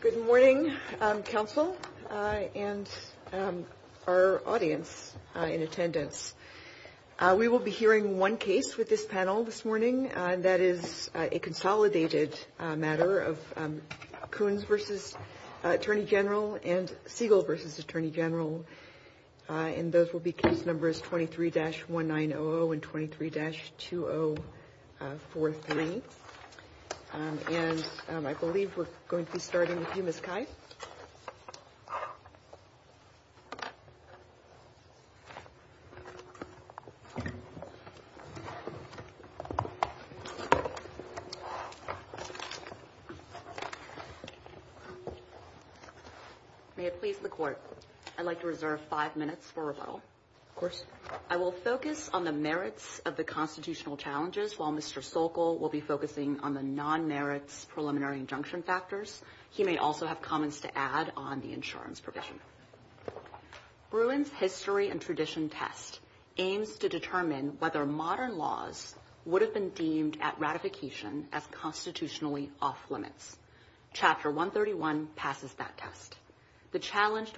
Good morning, Council and our audience in attendance. We will be hearing one case with this panel this morning, and that is a consolidated matter of Coons v. Attorney General and Siegel v. Attorney General, and those will be case numbers 23-1900 and 23-2043. And I believe we're going to be starting with you, Ms. Kite. May it please the Court, I'd like to reserve five minutes for rebuttal. Of course. I will focus on the merits of the constitutional challenges while Mr. Sokol will be focusing on the non-merits preliminary injunction factors. He may also have comments to add on the insurance provision. Thank you. Thank you. Thank you. Thank you. So, the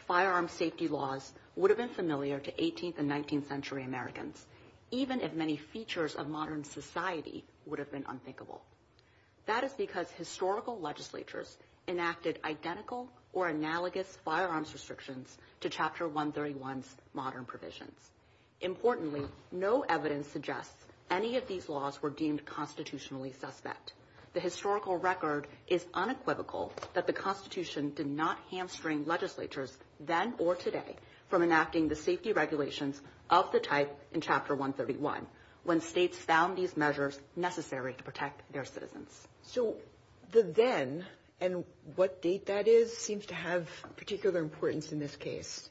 then and what date that is seems to have particular importance in this case,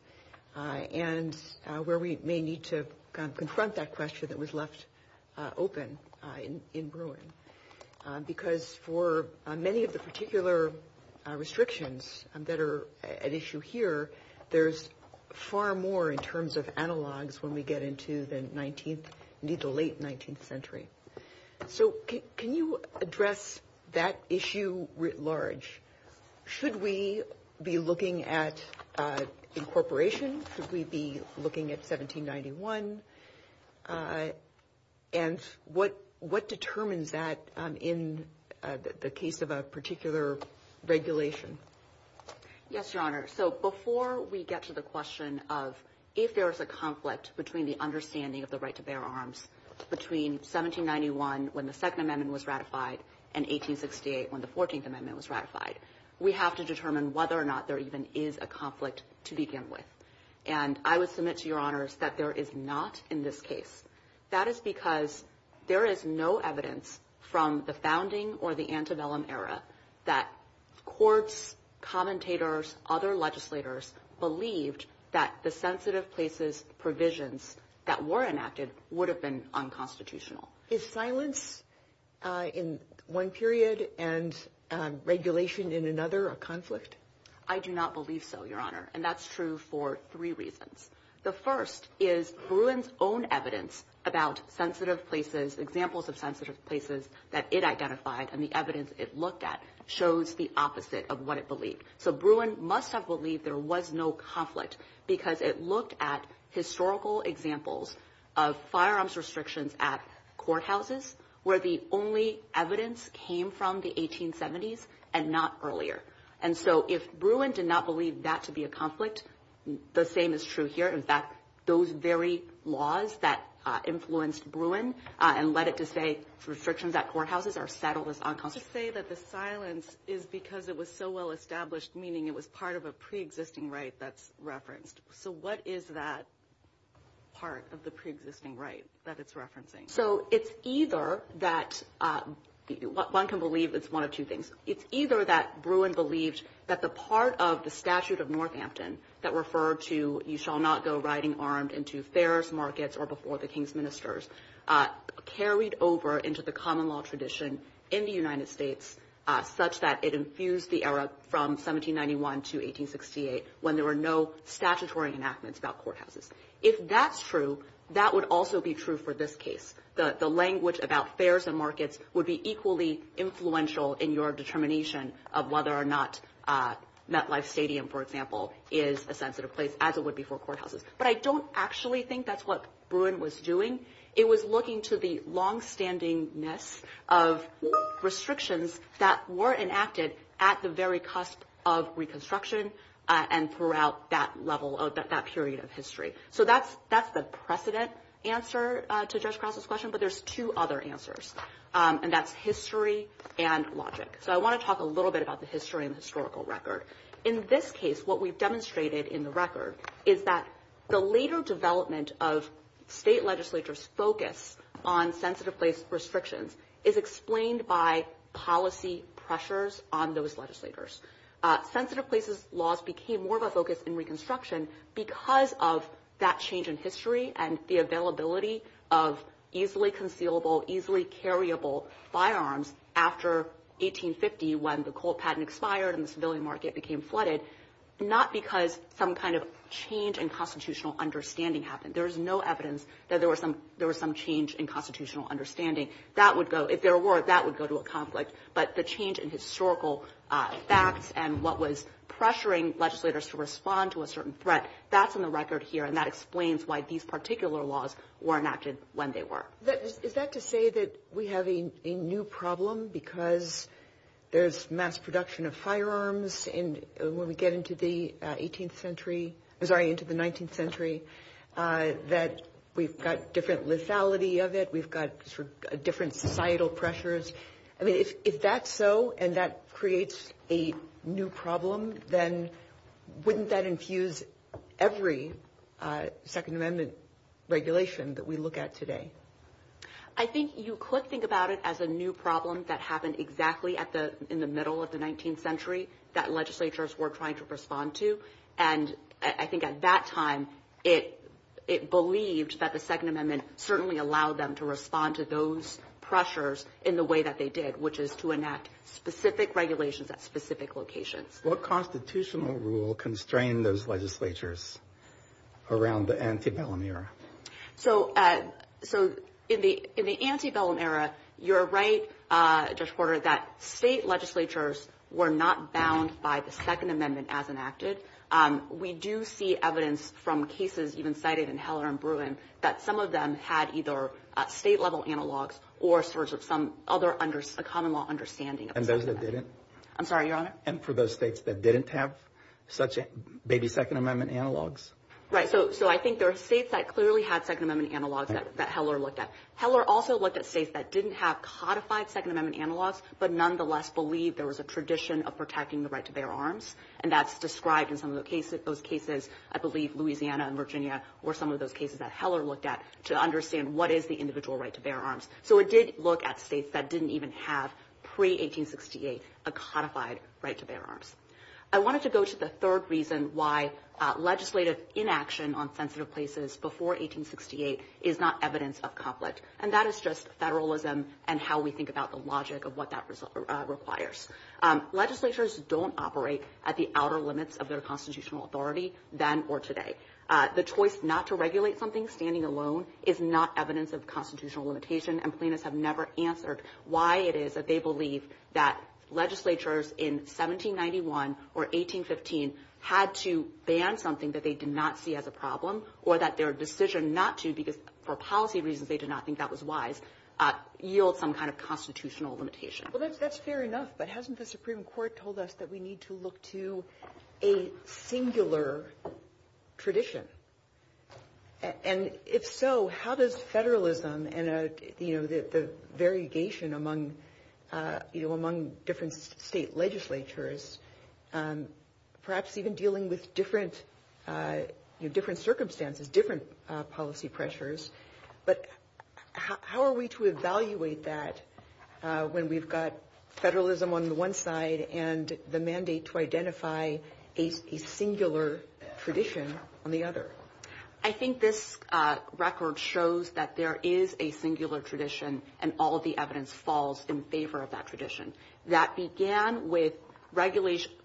and where we may need to confront that question that was left open in Bruin. Because for many of the particular restrictions that are at issue here, there's far more in terms of analogs when we get into the late 19th century. So can you address that issue writ large? Should we be looking at incorporation? Should we be looking at 1791? And what determines that in the case of a particular regulation? Yes, Your Honor. So, before we get to the question of if there's a conflict between the understanding of the right to bear arms between 1791 when the Second Amendment was ratified and 1868 when the Fourteenth Amendment was ratified, we have to determine whether or not there even is a conflict to begin with. And I would submit to Your Honors that there is not in this case. That is because there is no evidence from the founding or the antebellum era that courts, commentators, other legislators believed that the sensitive places provisions that were enacted would have been unconstitutional. Is silence in one period and regulation in another a conflict? I do not believe so, Your Honor. And that's true for three reasons. The first is Bruin's own evidence about sensitive places, examples of sensitive places that it identified and the evidence it looked at shows the opposite of what it believed. So, Bruin must have believed there was no conflict because it looked at historical examples of firearms restrictions at courthouses where the only evidence came from the 1870s and not earlier. And so, if Bruin did not believe that to be a conflict, the same is true here. In fact, those very laws that influenced Bruin and led it to say restrictions at courthouses are settled as unconstitutional. You say that the silence is because it was so well established, meaning it was part of a preexisting right that's referenced. So, what is that part of the preexisting right that it's referencing? So, it's either that – one can believe it's one of two things. It's either that Bruin believed that the part of the statute of Northampton that referred to you shall not go riding armed into fairs, markets, or before the king's ministers carried over into the common law tradition in the United States such that it infused the era from 1791 to 1868 when there were no statutory enactments about courthouses. If that's true, that would also be true for this case. The language about fairs and markets would be equally influential in your determination of whether or not MetLife Stadium, for example, is a sensitive place as it would be for courthouses. But I don't actually think that's what Bruin was doing. It was looking to the longstandingness of restrictions that were enacted at the very cusp of Reconstruction and throughout that level of – that period of history. So, that's the precedent answer to Judge Cross's question, but there's two other answers, and that's history and logic. So, I want to talk a little bit about the history and the historical record. In this case, what we've demonstrated in the record is that the later development of state legislatures' focus on sensitive place restrictions is explained by policy pressures on those legislatures. Sensitive places laws became more of a focus in Reconstruction because of that change in history and the availability of easily concealable, easily carriable firearms after 1850 when the Colt patent expired and the civilian market became flooded, not because some kind of change in constitutional understanding happened. There is no evidence that there was some change in constitutional understanding. That would go – if there were, that would go to a conflict. But the change in historical facts and what was pressuring legislators to respond to a certain threat, that's in the record here, and that explains why these particular laws were enacted when they were. Is that to say that we have a new problem because there's mass production of firearms in – when we get into the 18th century – I'm sorry, into the 19th century, that we've got different lethality of it, we've got sort of different societal pressures? I mean, if that's so and that creates a new problem, then wouldn't that infuse every Second Amendment regulation that we look at today? MS. BENTONI I think you could think about it as a new problem that happened exactly at the – in the middle of the 19th century that legislatures were trying to respond to. And I think at that time, it believed that the Second Amendment certainly allowed them to respond to those pressures in the way that they did, which is to enact specific regulations at specific locations. MR. GOLDSTEIN What constitutional rule constrained those legislatures around the antebellum era? MS. BENTONI I think it's important to note, Judge Porter, that state legislatures were not bound by the Second Amendment as enacted. We do see evidence from cases even cited in Heller and Bruin that some of them had either state-level analogs or sort of some other – a common-law understanding. GOLDSTEIN And those that didn't? BENTONI I'm sorry, Your Honor? GOLDSTEIN And for those states that didn't have such – maybe Second Amendment analogs? BENTONI Right. So I think there are states that clearly had Second Amendment analogs that Heller looked at. Heller also looked at states that didn't have codified Second Amendment analogs, but nonetheless believed there was a tradition of protecting the right to bear arms. And that's described in some of those cases. I believe Louisiana and Virginia were some of those cases that Heller looked at to understand what is the individual right to bear arms. So it did look at states that didn't even have, pre-1868, a codified right to bear arms. I wanted to go to the third reason why legislative inaction on sensitive places before 1868 is not evidence of conflict. And that is just federalism and how we think about the logic of what that requires. Legislatures don't operate at the outer limits of their constitutional authority then or today. The choice not to regulate something standing alone is not evidence of constitutional limitation, and plaintiffs have never answered why it is that they believe that legislatures in 1791 or 1815 had to ban something that they did not see as a problem or that their decision not to, because for policy reasons they did not think that was wise, yield some kind of constitutional limitation. Well, that's fair enough, but hasn't the Supreme Court told us that we need to look to a singular tradition? And if so, how does federalism and the variegation among different state legislatures, perhaps even dealing with different circumstances, different policy pressures, but how are we to evaluate that when we've got federalism on the one side and the mandate to identify a singular tradition on the other? I think this record shows that there is a singular tradition, and all of the evidence falls in favor of that tradition. That began with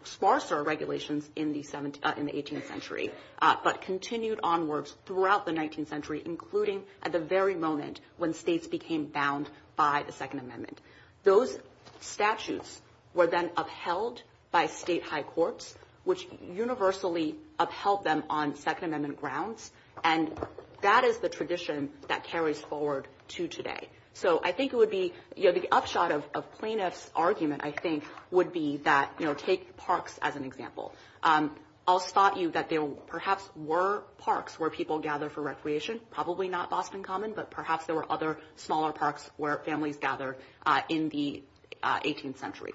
sparser regulations in the 18th century, but continued onwards throughout the 19th century, including at the very moment when states became bound by the Second Amendment. Those statutes were then upheld by state high courts, which universally upheld them on Second Amendment grounds, and that is the tradition that carries forward to today. So I think it would be – the upshot of plaintiff's argument, I think, would be that – take parks as an example. I'll spot you that there perhaps were parks where people gathered for recreation, probably not often common, but perhaps there were other smaller parks where families gathered in the 18th century.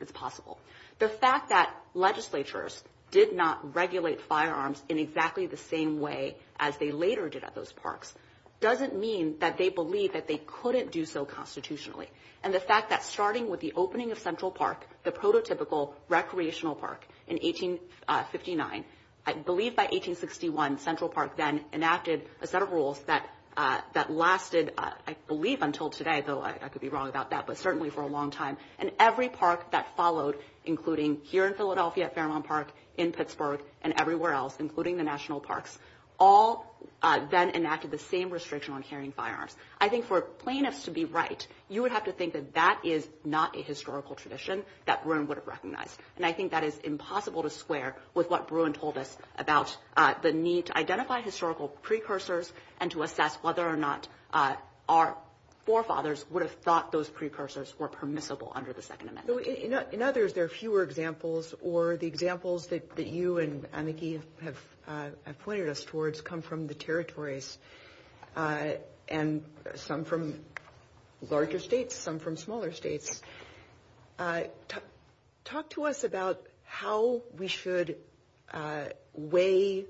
It's possible. The fact that legislatures did not regulate firearms in exactly the same way as they later did at those parks doesn't mean that they believed that they couldn't do so constitutionally. The fact that starting with the opening of Central Park, the prototypical recreational park in 1859, I believe by 1861 Central Park then enacted a set of rules that lasted, I believe, until today, though I could be wrong about that, but certainly for a long time. Every park that followed, including here in Philadelphia, Fairmont Park, in Pittsburgh, and everywhere else, including the national parks, all then enacted the same restriction on carrying firearms. I think for plaintiffs to be right, you would have to think that that is not a historical tradition that Bruin would have recognized. And I think that is impossible to square with what Bruin told us about the need to identify historical precursors and to assess whether or not our forefathers would have thought those precursors were permissible under the Second Amendment. In others, there are fewer examples, or the examples that you and Aniki have pointed us towards come from the territories, and some from larger states, some from smaller states. Talk to us about how we should weigh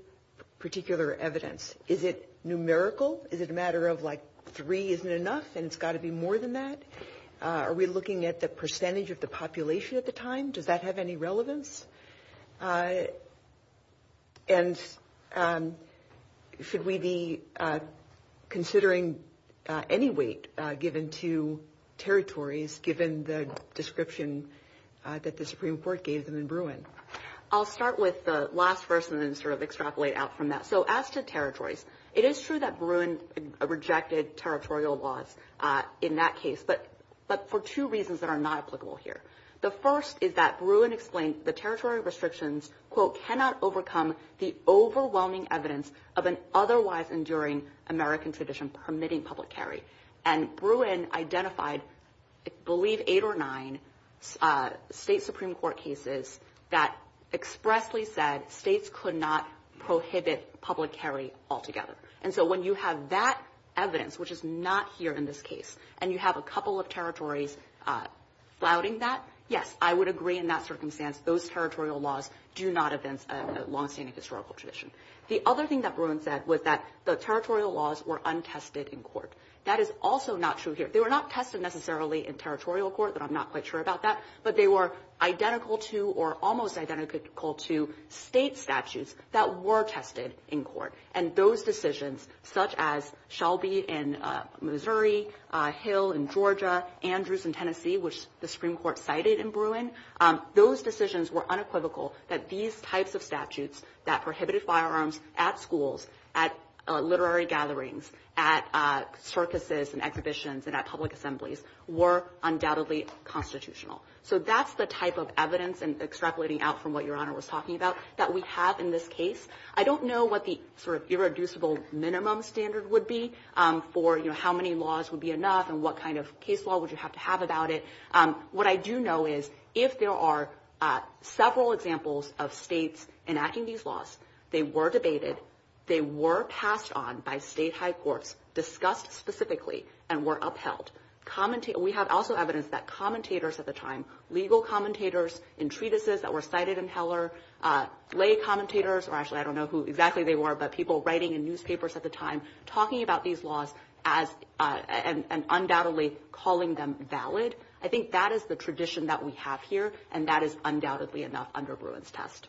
particular evidence. Is it numerical? Is it a matter of, like, three isn't enough, and it's got to be more than that? Are we looking at the percentage of the population at the time? Does that have any relevance? And should we be considering any weight given to territories, given the description that the Supreme Court gave them in Bruin? I'll start with the last person and sort of extrapolate out from that. So as to territories, it is true that Bruin rejected territorial laws in that case. But for two reasons that are not applicable here. The first is that Bruin explained the territory restrictions, quote, cannot overcome the overwhelming evidence of an otherwise enduring American tradition permitting public carry. And Bruin identified, I believe, eight or nine state Supreme Court cases that expressly said states could not prohibit public carry altogether. And so when you have that evidence, which is not here in this case, and you have a couple of territories flouting that, yes, I would agree in that circumstance, those territorial laws do not advance a longstanding historical tradition. The other thing that Bruin said was that the territorial laws were untested in court. That is also not true here. They were not tested necessarily in territorial court, and I'm not quite sure about that, but they were identical to or almost identical to state statutes that were tested in court. And those decisions, such as Shelby in Missouri, Hill in Georgia, Andrews in Tennessee, which the Supreme Court cited in Bruin, those decisions were unequivocal that these types of statutes that prohibited firearms at schools, at literary gatherings, at circuses and exhibitions, and at public assemblies were undoubtedly constitutional. So that's the type of evidence and extrapolating out from what Your Honor was talking about that we have in this case. I don't know what the irreducible minimum standard would be for how many laws would be enough and what kind of case law would you have to have about it. What I do know is if there are several examples of states enacting these laws, they were debated, they were passed on by state high courts, discussed specifically, and were upheld. We have also evidence that commentators at the time, legal commentators in treatises that were cited in Heller, lay commentators, or actually I don't know who exactly they were, but people writing in newspapers at the time, talking about these laws and undoubtedly calling them valid. I think that is the tradition that we have here, and that is undoubtedly enough under Bruin's test.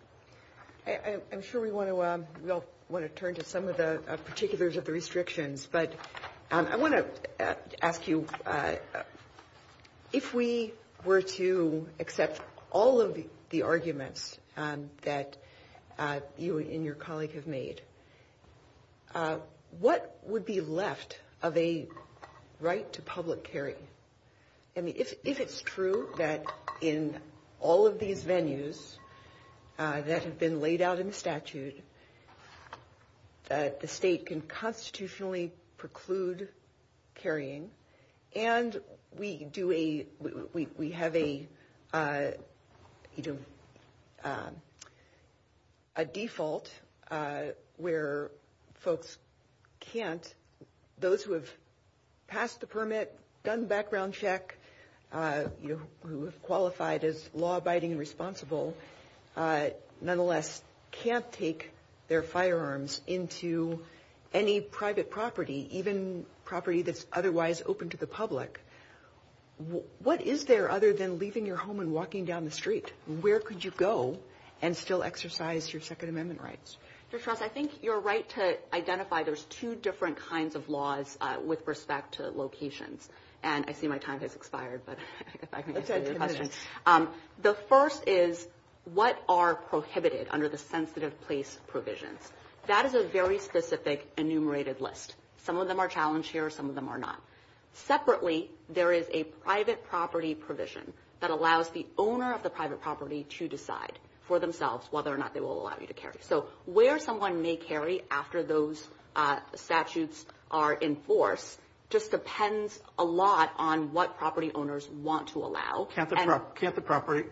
MS. GOTTLIEB I'm sure we all want to turn to some of the particulars of the restrictions, but I want to ask you, if we were to accept all of the arguments that you and your colleague have made, what would be left of a right to public carrying? I mean, if it's true that in all of these venues that have been laid out in statute that the state can constitutionally preclude carrying, and we have a default where folks can't, those who have passed the permit, done the background check, who have qualified as law-abiding and responsible, nonetheless can't take their firearms into any private property, even property that's otherwise open to the public, what is there other than leaving your home and walking down the street? Where could you go and still exercise your Second Amendment rights? MS. GOTTLIEB I think you're right to identify there's two different kinds of laws with respect to locations, and I see my time has expired, but I guess I can answer your question. The first is what are prohibited under the sensitive place provision? That is a very specific enumerated list. Some of them are challenged here. Some of them are not. Separately, there is a private property provision that allows the owner of the private property to decide for themselves whether or not they will allow you to carry. So where someone may carry after those statutes are enforced just depends a lot on what property owners want to allow. Can't the property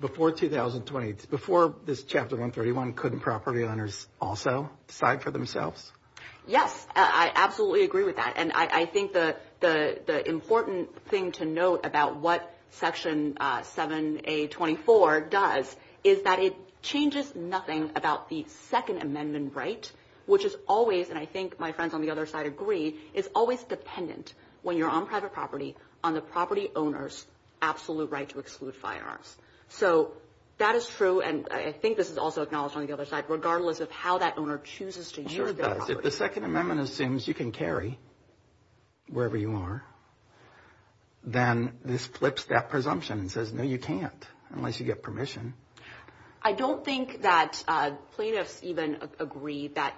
before 2020, before this Chapter 131, couldn't property owners also decide for themselves? MS. GOTTLIEB Yes, I absolutely agree with that. And I think the important thing to note about what Section 7A24 does is that it changes nothing about the Second Amendment right, which is always, and I think my friends on the other side agree, is always dependent, when you're on private property, on the property owner's absolute right to exclude firearms. So that is true, and I think this is also acknowledged on the other side, regardless of how that owner chooses to use their property. GOTTLIEB If the Second Amendment assumes you can carry wherever you are, then this flips that presumption and says, no, you can't, unless you get permission. GOTTLIEB I don't think that plaintiffs even agree that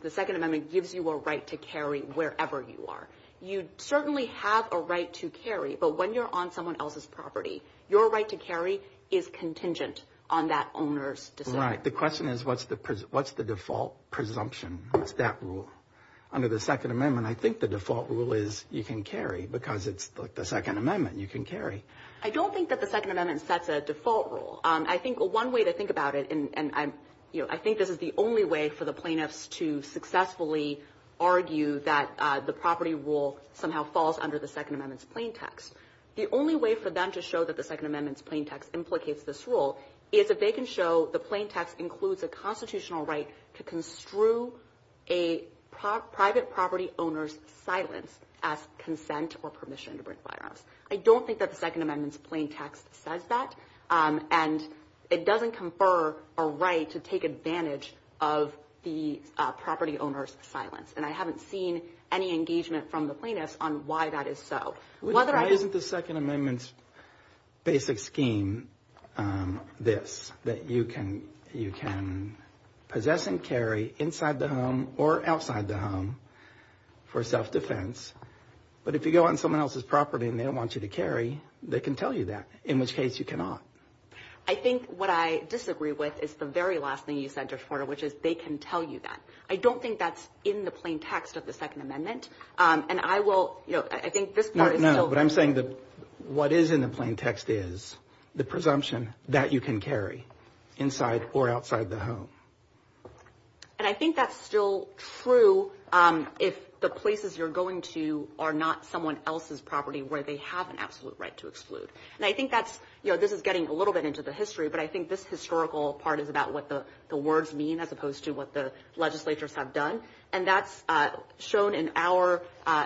the Second Amendment gives you a right to carry wherever you are. You certainly have a right to carry, but when you're on someone else's property, your right to carry is contingent on that owner's decision. MR. The question is, what's the default presumption, that rule? Under the Second Amendment, I think the default rule is you can carry, because it's like the Second Amendment, you can carry. GOTTLIEB I don't think that the Second Amendment sets a default rule. I think one way to think about it, and I think this is the only way for the plaintiffs to successfully argue that the property rule somehow falls under the Second Amendment's plain text, the only way for them to show that the Second Amendment's plain text implicates this rule is if they can show the plain text includes a constitutional right to construe a private property owner's silence as consent or permission to bring firearms. I don't think that the Second Amendment's plain text says that, and it doesn't confer a right to take advantage of the property owner's silence, and I haven't seen any engagement from the plaintiffs on why that is so. MR. GOTTLIEB Why isn't the Second Amendment's basic scheme this, that you can possess and carry inside the home or outside the home for self-defense, but if you go on someone else's property and they don't want you to carry, they can tell you that, in which case you cannot? I think what I disagree with is the very last thing you said, Judge Porter, which is they can tell you that. I don't think that's in the plain text of the Second Amendment, and I will, you know, I think this part is still... GOTTLIEB No, no, but I'm saying that what is in the plain text is the presumption that you can carry inside or outside the home. GOTTLIEB And I think that's still true if the places you're going to are not someone else's property where they have an absolute right to exclude, and I think that's, you know, getting a little bit into the history, but I think this historical part is about what the words mean as opposed to what the legislatures have done, and that's shown in our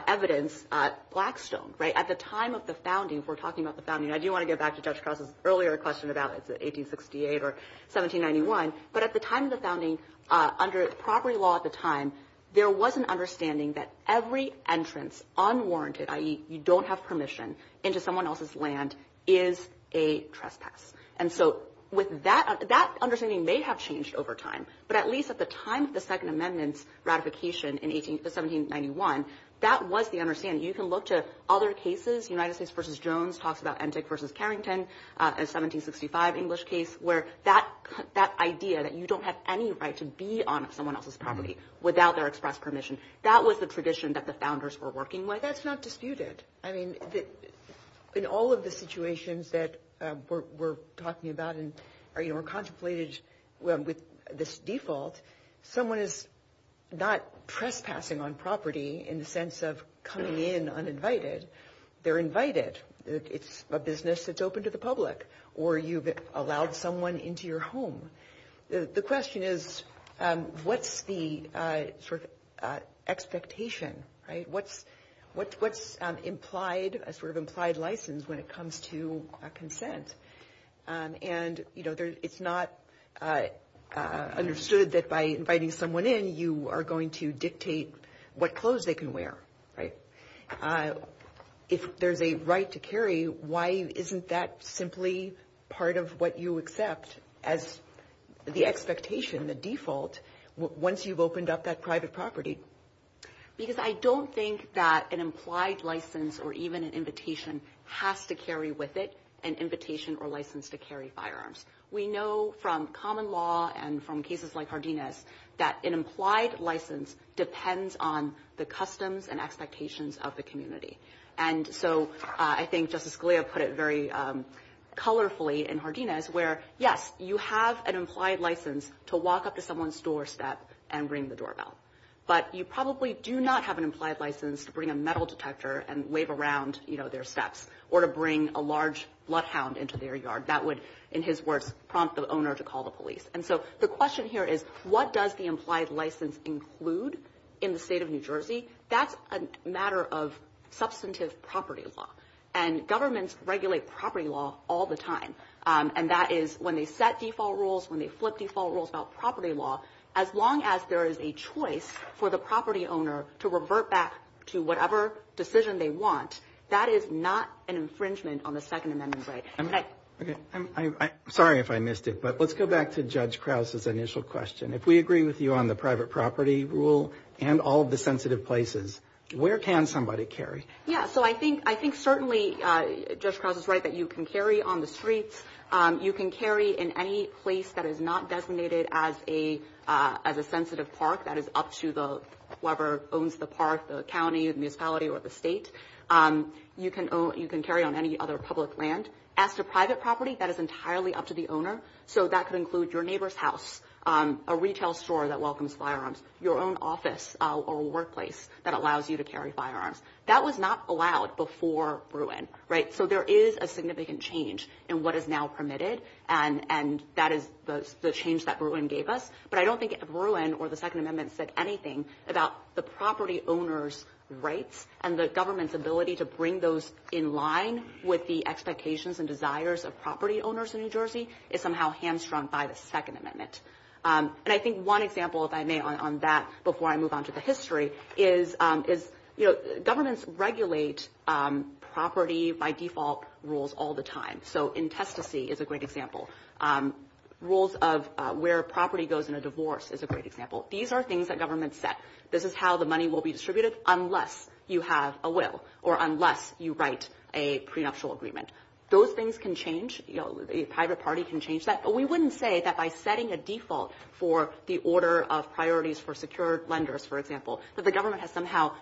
evidence at Blackstone, right? At the time of the founding, if we're talking about the founding, I do want to get back to Judge Cross's earlier question about 1868 or 1791, but at the time of the founding, under property law at the time, there was an understanding that every entrance unwarranted, i.e. you don't have permission into someone else's land, is a trespass, and so with that understanding may have changed over time, but at least at the time of the Second Amendment ratification in 1791, that was the understanding. You can look to other cases. United States v. Jones talks about Entik v. Carrington, a 1765 English case, where that idea that you don't have any right to be on someone else's property without their express permission, that was the tradition that the founders were working with. That's not disputed. I mean, in all of the situations that we're talking about and are contemplated with this default, someone is not trespassing on property in the sense of coming in uninvited. They're invited. It's a business that's open to the public, or you've allowed someone into your home. The question is, what's the sort of expectation, right? What's implied, a sort of implied license when it comes to consent? And, you know, it's not understood that by inviting someone in, you are going to dictate what clothes they can wear, right? If there's a right to carry, why isn't that simply part of what you accept as the expectation, the default, once you've opened up that private property? Because I don't think that an implied license or even an invitation has to carry with it an invitation or license to carry firearms. We know from common law and from cases like Hardina's that an implied license depends on the customs and expectations of the community. And so I think Justice Scalia put it very colorfully in Hardina's where, yes, you have an implied license to walk up to someone's doorstep and ring the doorbell. But you probably do not have an implied license to bring a metal detector and wave around, you know, their steps or to bring a large bloodhound into their yard. That would, in his words, prompt the owner to call the police. And so the question here is, what does the implied license include in the state of New Jersey? That's a matter of substantive property law. And governments regulate property law all the time. And that is when they set default rules, when they flip default rules about property law, as long as there is a choice for the property owner to revert back to whatever decision they want, that is not an infringement on the Second Amendment right. I'm sorry if I missed it, but let's go back to Judge Krause's initial question. If we agree with you on the private property rule and all the sensitive places, where can somebody carry? Yeah, so I think certainly Judge Krause is right that you can carry on the street. You can carry in any place that is not designated as a sensitive park that is up to whoever owns the park, the county, the municipality, or the state. You can carry on any other public land. As to private property, that is entirely up to the owner. So that could include your neighbor's house, a retail store that welcomes firearms, your own office or workplace that allows you to carry firearms. That was not allowed before Bruin, right? So there is a significant change in what is now permitted, and that is the change that Bruin gave us. But I don't think Bruin or the Second Amendment said anything about the property owner's rights and the government's ability to bring those in line with the expectations and desires of property owners in New Jersey. It's somehow hamstrung by the Second Amendment. And I think one example, if I may, on that before I move on to the history is, you know, governments regulate property by default rules all the time. So intespacy is a great example. Rules of where property goes in a divorce is a great example. These are things that governments set. This is how the money will be distributed unless you have a will or unless you write a prenuptial agreement. Those things can change. You know, a private party can change that. But we wouldn't say that by setting a default for the order of priorities for secure lenders, for example, that the government has somehow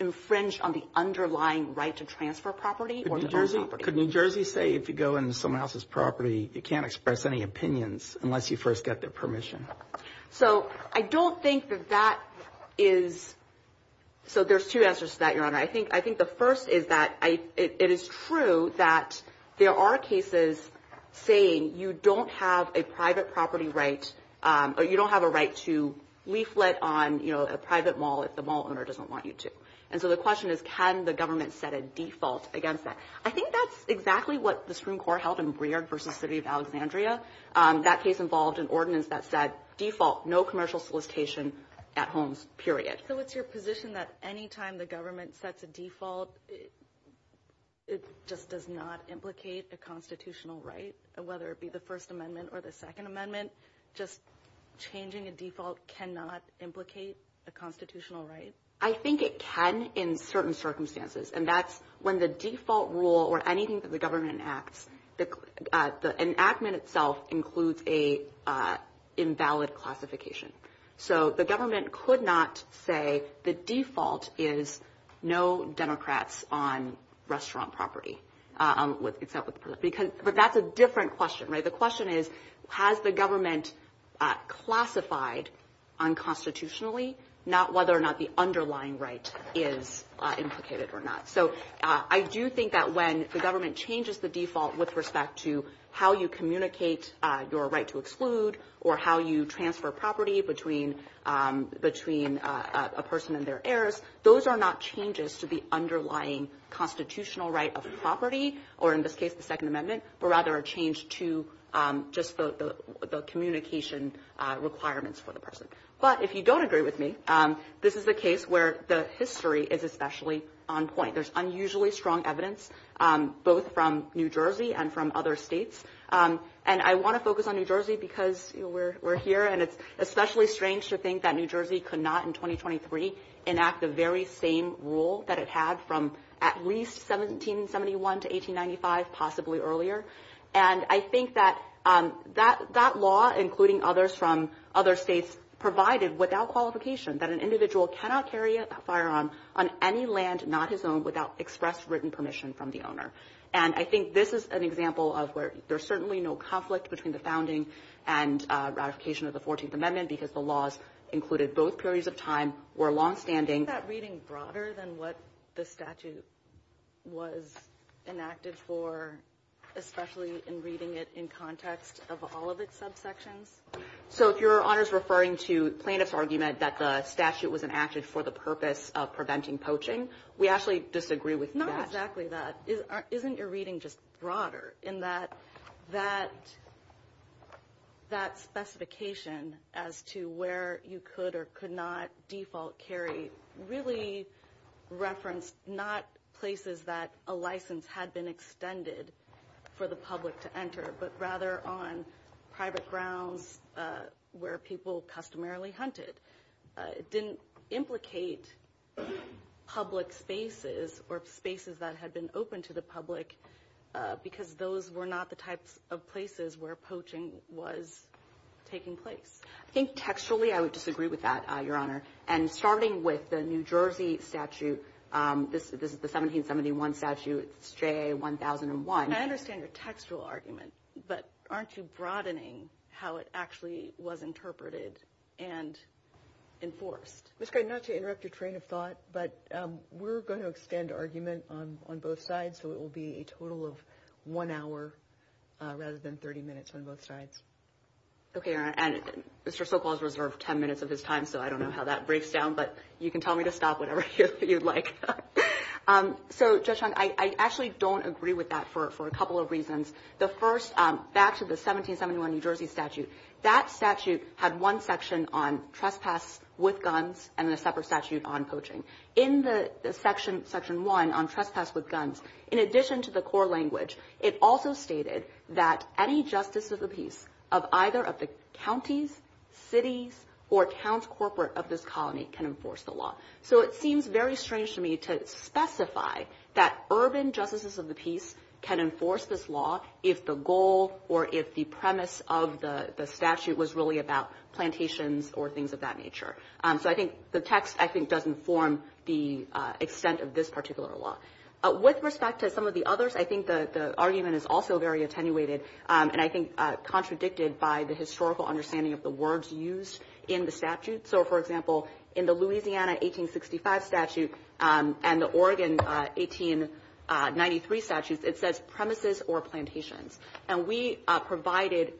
infringed on the underlying right to transfer property or to own property. Could New Jersey say if you go into someone else's property, you can't express any opinions unless you first get their permission? So I don't think that that is – so there's two answers to that, Your Honor. I think the first is that it is true that there are cases saying you don't have a private property right or you don't have a right to leaflet on, you know, a private mall if the mall owner doesn't want you to. And so the question is, can the government set a default against that? I think that's exactly what the Supreme Court held in Breyer v. City of Alexandria. That case involved an ordinance that said, default, no commercial solicitation at home, period. So it's your position that any time the government sets a default, it just does not implicate a constitutional right, whether it be the First Amendment or the Second Amendment? Just changing a default cannot implicate a constitutional right? I think it can in certain circumstances. And that's when the default rule or anything that the government enacts – the enactment itself includes an invalid classification. So the government could not say the default is no Democrats on restaurant property, except with – because – but that's a different question, right? The question is, has the government classified unconstitutionally, not whether or not the underlying right is implicated or not? So I do think that when the government changes the default with respect to how you communicate your right to exclude or how you transfer property between a person and their heirs, those are not changes to the underlying constitutional right of property, or in this case, the Second Amendment, but rather a change to just the communication requirements for the person. But if you don't agree with me, this is a case where the history is especially on point. There's unusually strong evidence, both from New Jersey and from other states. And I want to focus on New Jersey because we're here, and it's especially strange to think that New Jersey could not in 2023 enact the very same rule that it had from at least 1771 to 1895, possibly earlier. And I think that that law, including others from other states, provided without qualification that an individual cannot carry a firearm on any land not his own without express written permission from the owner. And I think this is an example of where there's certainly no conflict between the founding and ratification of the 14th Amendment because the laws included both periods of time were longstanding. Is that reading broader than what the statute was enacted for, especially in reading it in context of all of its subsections? So if you're, honors, referring to plaintiff's argument that the statute was enacted for the purpose of preventing poaching, we actually disagree with that. Not exactly that. Isn't your reading just broader in that that specification as to where you could or could not default carry really referenced not places that a license had been extended for the public to enter, but rather on private grounds where people customarily hunted? It didn't implicate public spaces or spaces that had been open to the public because those were not the types of places where poaching was taking place. I think textually I would disagree with that, your honor. And starting with the New Jersey statute, this is the 1771 statute, JA 1001. I understand your textual argument, but aren't you broadening how it actually was interpreted and enforced? Ms. Gray, not to interrupt your train of thought, but we're going to extend argument on both sides, so it will be a total of one hour rather than 30 minutes on both sides. Okay, your honor. And Mr. Sokol has reserved 10 minutes of his time, so I don't know how that breaks down, but you can tell me to stop whenever you'd like. So, Judge Chung, I actually don't agree with that for a couple of reasons. The first, back to the 1771 New Jersey statute, that statute had one section on trespass with guns and a separate statute on poaching. In the section one on trespass with guns, in addition to the core language, it also stated that any justice of the peace of either of the counties, cities, or towns corporate of this colony can enforce the law. So it seems very strange to me to specify that urban justices of the peace can enforce this law if the goal or if the premise of the statute was really about plantations or things of that nature. So I think the text, I think, doesn't form the extent of this particular law. With respect to some of the others, I think the argument is also very attenuated and I think contradicted by the historical understanding of the words used in the statute. So, for example, in the Louisiana 1865 statute and the Oregon 1893 statutes, it says premises or plantations. And we provided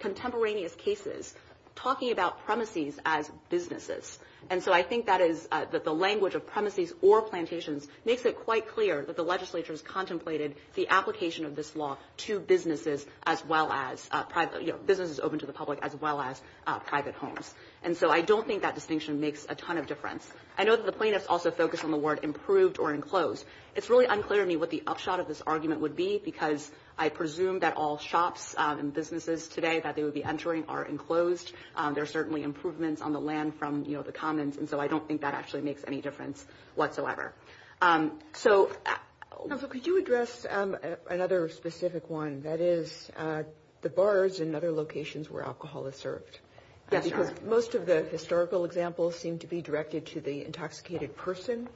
contemporaneous cases talking about premises as businesses. And so I think that is that the language of premises or plantations makes it quite clear that the legislature has contemplated the application of this law to businesses as well as private, you know, businesses open to the public as well as private homes. And so I don't think that distinction makes a ton of difference. I know that the plaintiffs also focused on the word improved or enclosed. It's really unclear to me what the upshot of this argument would be because I presume that all shops and businesses today that they would be entering are enclosed. There are certainly improvements on the land from, you know, the commons. And so I don't think that actually makes any difference whatsoever. So could you address another specific one that is the bars and other locations where alcohol is served? Yes, sure. Because most of the historical examples seem to be directed to the intoxicated person,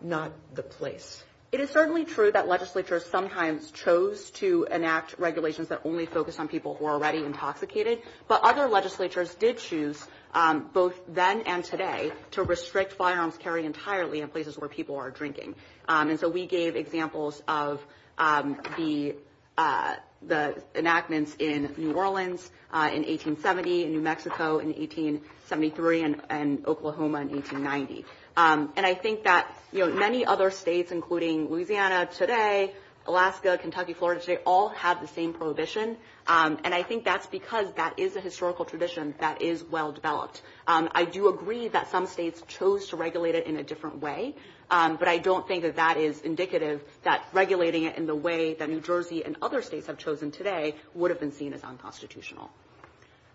not the place. It is certainly true that legislatures sometimes chose to enact regulations that only focus on people who are already intoxicated. But other legislatures did choose both then and today to restrict firearm carry entirely in places where people are drinking. And so we gave examples of the enactments in New Orleans in 1870, in New Mexico in 1873, and Oklahoma in 1890. And I think that, you know, many other states including Louisiana today, Alaska, Kentucky, Florida, they all have the same prohibition. And I think that's because that is a historical tradition that is well developed. I do agree that some states chose to regulate it in a different way. But I don't think that that is indicative that regulating it in the way that New Jersey and other states have chosen today would have been seen as unconstitutional.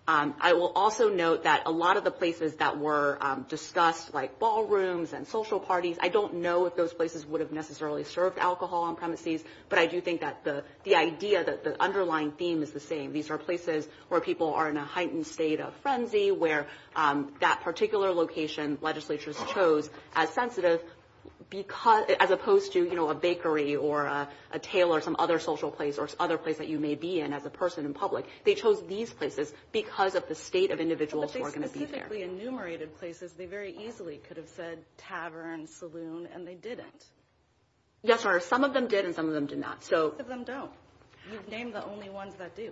I will also note that a lot of the places that were discussed like ballrooms and social parties, I don't know if those places would have necessarily served alcohol on premises. But I do think that the idea that the underlying theme is the same. These are places where people are in a heightened state of frenzy, where that particular location legislatures chose as sensitive because – as opposed to, you know, a bakery or a tailor, some other social place or other place that you may be in as a person in public. They chose these places because of the state of individuals who are going to be there. But they specifically enumerated places. They very easily could have said tavern, saloon, and they didn't. Yes, Your Honor. Some of them did and some of them did not. Some of them don't. You've named the only ones that do.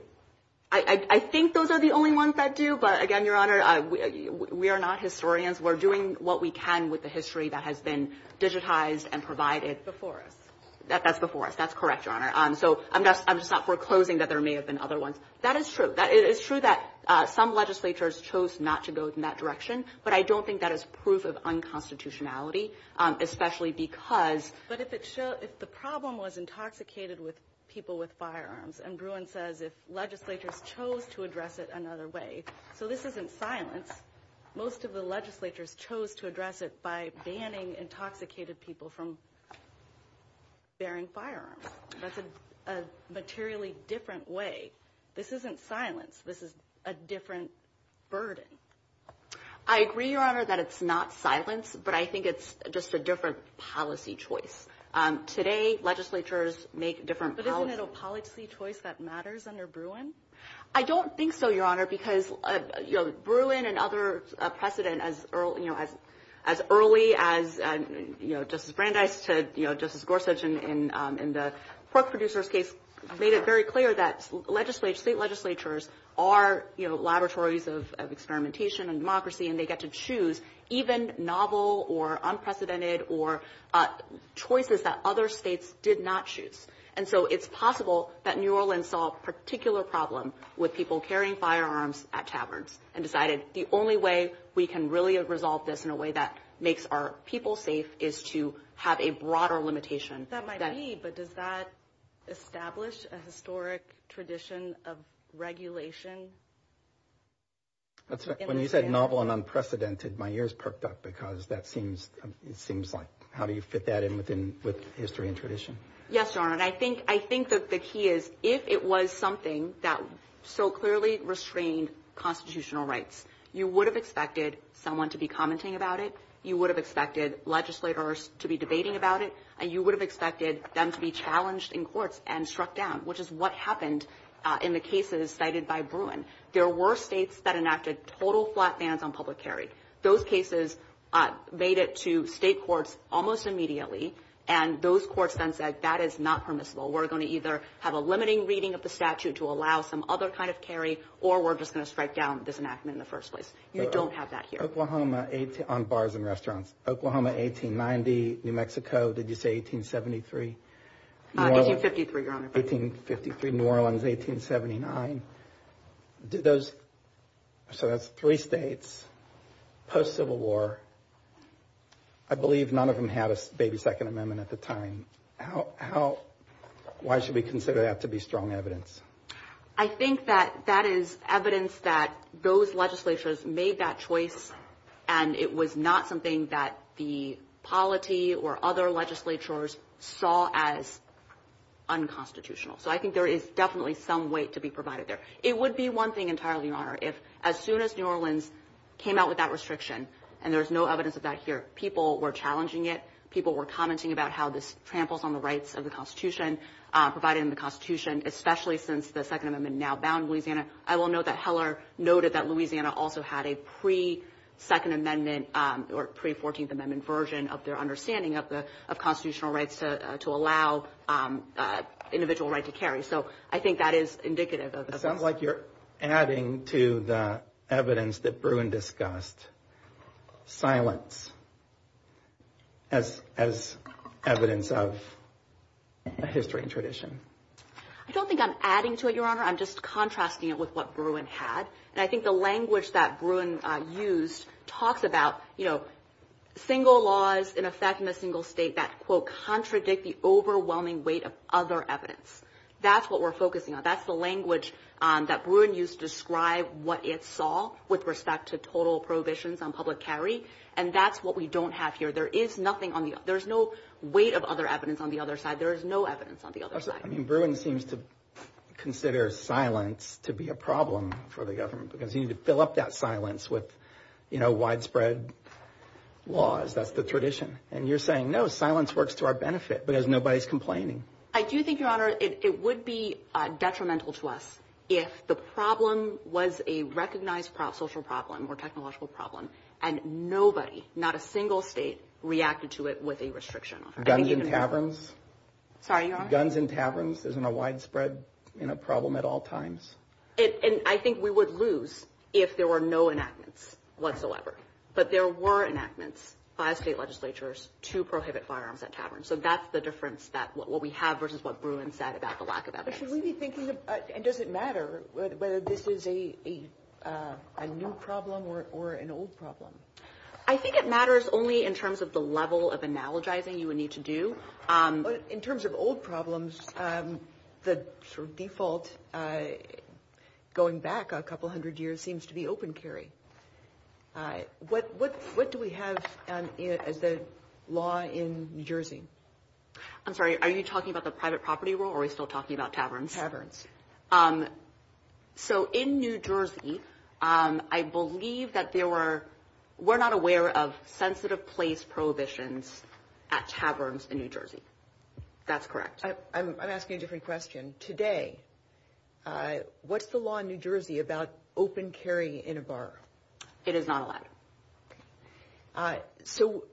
I think those are the only ones that do. But again, Your Honor, we are not historians. We're doing what we can with the history that has been digitized and provided. Before us. That's before us. That's correct, Your Honor. So I'm just not foreclosing that there may have been other ones. That is true. It is true that some legislatures chose not to go in that direction. But I don't think that is proof of unconstitutionality, especially because... But if the problem was intoxicated with people with firearms, and Gruen says if legislatures chose to address it another way. So this isn't silence. Most of the legislatures chose to address it by banning intoxicated people from bearing firearms. That's a materially different way. This isn't silence. This is a different burden. I agree, Your Honor, that it's not silence. But I think it's just a different policy choice. Today, legislatures make different... But isn't it a policy choice that matters under Gruen? I don't think so, Your Honor, because Gruen and other precedent as early as Justice Brandeis to Justice Gorsuch in the Cook producers case made it very clear that state legislatures are laboratories of experimentation and democracy, and they get to choose even novel or unprecedented or choices that other states did not choose. And so it's possible that New Orleans saw a particular problem with people carrying firearms at taverns and decided the only way we can really resolve this in a way that makes our people safe is to have a broader limitation. That might be, but does that establish a historic tradition of regulation? That's right. When you said novel and unprecedented, my ears perked up because that seems... How do you fit that in with history and tradition? Yes, Your Honor. And I think the key is if it was something that so clearly restrained constitutional rights, you would have expected someone to be commenting about it. You would have expected legislators to be debating about it. And you would have expected them to be challenged in court and struck down, which is what happened in the cases cited by Gruen. There were states that enacted total flat bans on public carry. Those cases made it to state courts almost immediately. And those courts then said, that is not permissible. We're going to either have a limiting reading of the statute to allow some other kind of carry, or we're just going to strike down this enactment in the first place. We don't have that here. On bars and restaurants. Oklahoma, 1890. New Mexico, did you say 1873? 1853, Your Honor. 1853. New Orleans, 1879. So that's three states post-Civil War. I believe none of them had a baby second amendment at the time. Why should we consider that to be strong evidence? I think that that is evidence that those legislatures made that choice, and it was not something that the polity or other legislatures saw as unconstitutional. So I think there is definitely some weight to be provided there. It would be one thing entirely, Your Honor, if as soon as New Orleans came out with that restriction, and there's no evidence of that here, people were challenging it. People were commenting about how this tramples on the rights of the Constitution, provided in the Constitution, especially since the Second Amendment now bound Louisiana. I will note that Heller noted that Louisiana also had a pre-Second Amendment or pre-14th Amendment version of their understanding of constitutional rights to allow individual right to carry. So I think that is indicative of this. It sounds like you're adding to the evidence that Bruin discussed. Silence as evidence of a history and tradition. I don't think I'm adding to it, Your Honor. I'm just contrasting it with what Bruin had. And I think the language that Bruin used talks about, you know, single laws in effect in a single state that, quote, contradict the overwhelming weight of other evidence. That's what we're focusing on. That's the language that Bruin used to describe what it saw with respect to total prohibitions on public carry. And that's what we don't have here. There is nothing on the – there's no weight of other evidence on the other side. There is no evidence on the other side. I mean, Bruin seems to consider silence to be a problem for the government, because you need to fill up that silence with, you know, widespread laws. That's the tradition. And you're saying, no, silence works to our benefit because nobody's complaining. I do think, Your Honor, it would be detrimental to us if the problem was a recognized social problem or technological problem, and nobody – not a single state – reacted to it with a restriction on it. Guns in taverns? Sorry, Your Honor? Guns in taverns isn't a widespread problem at all times. And I think we would lose if there were no enactments whatsoever. But there were enactments by state legislatures to prohibit firearms at taverns. So that's the difference that – what we have versus what Bruin said about the lack of that. But should we be thinking – and does it matter whether this is a new problem or an old problem? I think it matters only in terms of the level of analogizing you would need to do. But in terms of old problems, the sort of default going back a couple hundred years seems to be open carry. What do we have as the law in New Jersey? I'm sorry, are you talking about the private property rule, or are we still talking about taverns? Taverns. So in New Jersey, I believe that there were – we're not aware of sensitive place prohibitions at taverns in New Jersey. That's correct. I'm asking a different question. Today, what's the law in New Jersey about open carry in a bar? It is not allowed. So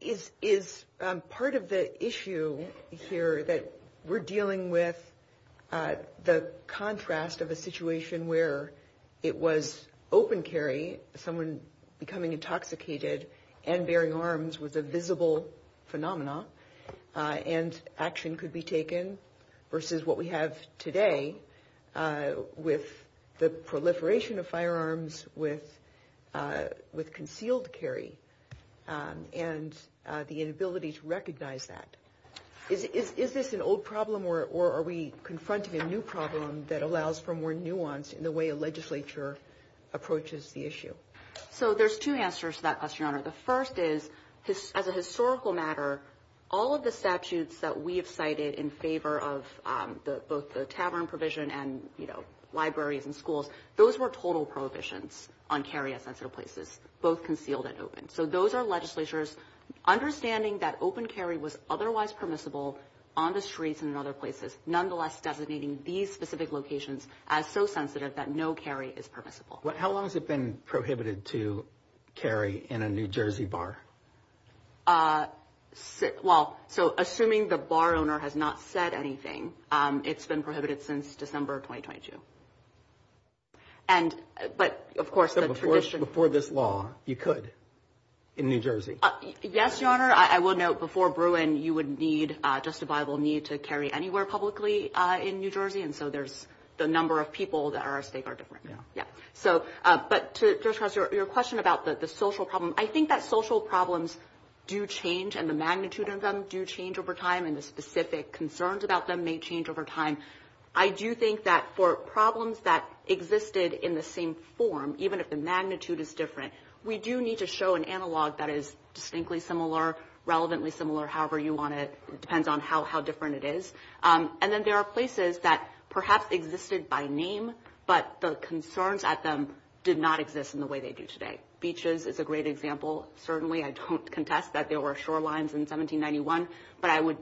is part of the issue here that we're dealing with the contrast of a situation where it was open carry, someone becoming intoxicated and bearing arms with a visible phenomenon, and action could be taken, versus what we have today with the proliferation of firearms, with concealed carry, and the inability to recognize that. Is this an old problem, or are we confronting a new problem that allows for more nuance in the way a legislature approaches the issue? So there's two answers to that question, Your Honor. The first is, as a historical matter, all of the statutes that we have cited in favor of both the tavern provision and libraries and schools, those were total prohibitions on carry at sensitive places. Concealed and open. So those are legislatures understanding that open carry was otherwise permissible on the streets and other places. Nonetheless, deputizing these specific locations as so sensitive that no carry is permissible. How long has it been prohibited to carry in a New Jersey bar? So assuming the bar owner has not said anything, it's been prohibited since December 2022. And, but of course, the tradition... So before this law, you could in New Jersey? Yes, Your Honor. I will note before Bruin, you would need, justifiable need to carry anywhere publicly in New Jersey. And so there's the number of people that are, they are different, yeah. So, but to your question about the social problem, I think that social problems do change, and the magnitude of them do change over time. And the specific concerns about them may change over time. I do think that for problems that existed in the same form, even if the magnitude is different, we do need to show an analog that is distinctly similar, relevantly similar, however you want to, depends on how different it is. And then there are places that perhaps existed by name, but the concerns at them did not exist in the way they do today. Beaches is a great example. Certainly, I don't contest that there were shorelines in 1791, but I would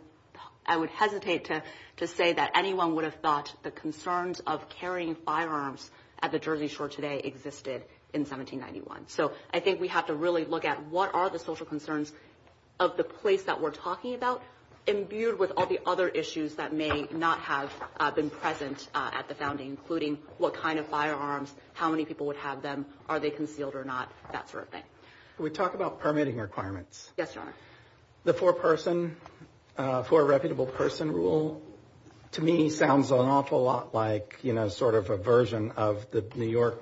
hesitate to say that anyone would have thought the concerns of carrying firearms at the Jersey Shore today existed in 1791. So, I think we have to really look at what are the social concerns of the place that we're talking about, imbued with all the other issues that may not have been present at the founding, including what kind of firearms, how many people would have them, are they concealed or not, that sort of thing. Can we talk about permitting requirements? Yes, Your Honor. The four person, four reputable person rule, to me, sounds an awful lot like, you know, sort of a version of the New York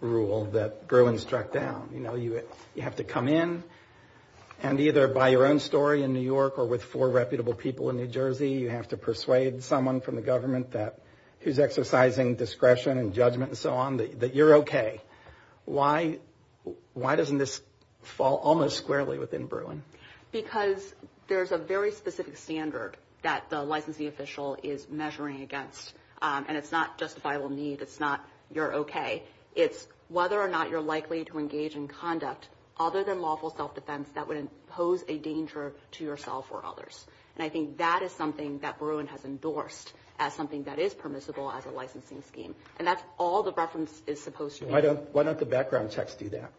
rule that Gerland struck down. You know, you have to come in and either by your own story in New York or with four reputable people in New Jersey, you have to persuade someone from the government that is exercising discretion and judgment and so on, that you're okay. Why doesn't this fall almost squarely within Bruin? Because there's a very specific standard that the licensing official is measuring against, and it's not justifiable need, it's not you're okay. It's whether or not you're likely to engage in conduct other than lawful self-defense that would pose a danger to yourself or others. And I think that is something that Bruin has endorsed as something that is permissible as a licensing scheme. And that's all the reference is supposed to be. Why don't the background checks do that?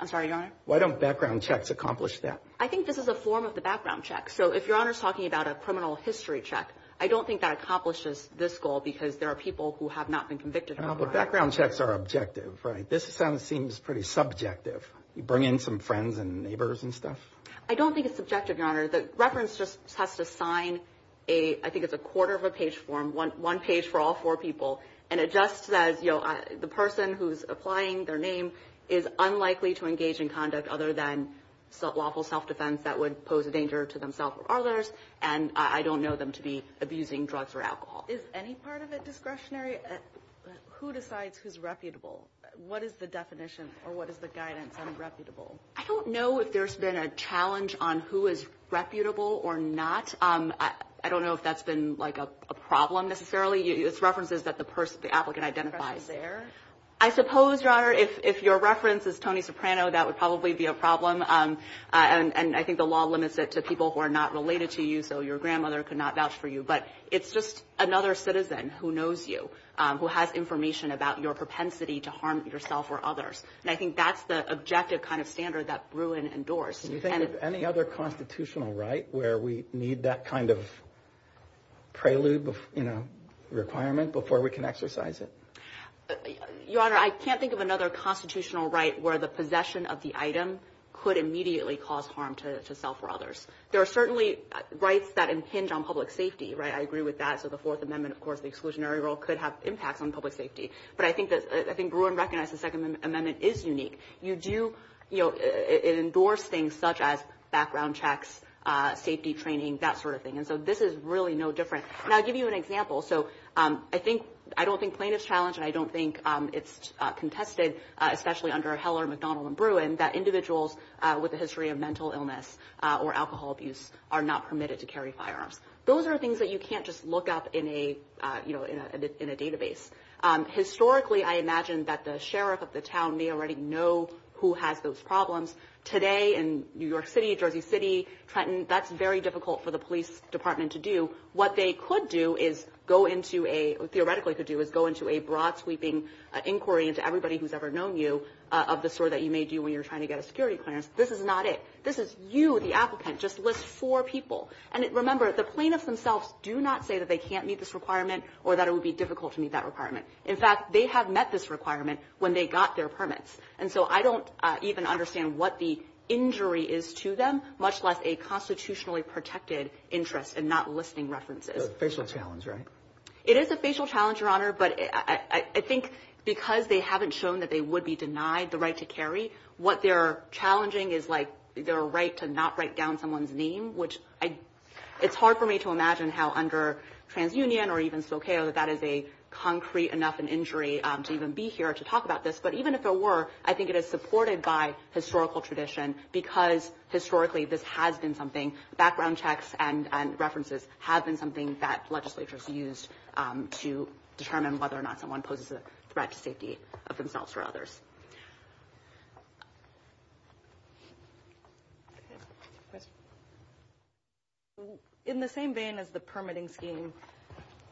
I'm sorry, Your Honor? Why don't background checks accomplish that? I think this is a form of the background check. So if Your Honor's talking about a criminal history check, I don't think that accomplishes this goal because there are people who have not been convicted. The background checks are objective, right? This kind of seems pretty subjective. You bring in some friends and neighbors and stuff. I don't think it's subjective, Your Honor. The reference just has to sign a, I think it's a quarter of a page form, one page for all four people. And it just says, you know, the person who's applying their name is unlikely to engage in conduct other than lawful self-defense that would pose a danger to themselves or And I don't know them to be abusing drugs or alcohol. Is any part of it discretionary? Who decides who's reputable? What is the definition or what is the guidance on reputable? I don't know if there's been a challenge on who is reputable or not. I don't know if that's been like a problem necessarily. It's references that the person, the applicant identifies. I suppose, Your Honor, if your reference is Tony Soprano, that would probably be a problem. And I think the law limits it to people who are not related to you. So your grandmother could not vouch for you. But it's just another citizen who knows you, who has information about your propensity to harm yourself or others. And I think that's the objective kind of standard that Bruin endorsed. Do you think there's any other constitutional right where we need that kind of requirement before we can exercise it? Your Honor, I can't think of another constitutional right where the possession of the item could immediately cause harm to self or others. There are certainly rights that impinge on public safety, right? I agree with that. So the Fourth Amendment, of course, the exclusionary rule could have impact on public safety. But I think Bruin recognized the Second Amendment is unique. You do endorse things such as background checks, safety training, that sort of thing. And so this is really no different. And I'll give you an example. So I think – I don't think plaintiff's challenge, and I don't think it's contested, especially under Heller, McDonald, and Bruin, that individuals with a history of mental illness or alcohol abuse are not permitted to carry firearms. Those are things that you can't just look up in a database. Historically, I imagine that the sheriff of the town may already know who has those problems. Today in New York City, Jersey City, Trenton, that's very difficult for the police department to do. What they could do is go into a – theoretically could do is go into a broad-sweeping inquiry into everybody who's ever known you of the sort that you may do when you're trying to get a security clearance. This is not it. This is you, the applicant, just list four people. And remember, the plaintiffs themselves do not say that they can't meet this requirement or that it would be difficult to meet that requirement. In fact, they have met this requirement when they got their permits. And so I don't even understand what the injury is to them, much less a constitutionally protected interest in not listing references. It's a facial challenge, right? It is a facial challenge, Your Honor. But I think because they haven't shown that they would be denied the right to carry, what they're challenging is, like, their right to not write down someone's name, which I – it's hard for me to imagine how under TransUnion or even Spokane that is a concrete enough an injury to even be here to talk about this. But even if there were, I think it is supported by historical tradition because historically this has been something – background checks and references have been something that legislatures used to determine whether or not someone poses a threat to safety of themselves or others. MS. RAYMOND In the same vein as the permitting scheme,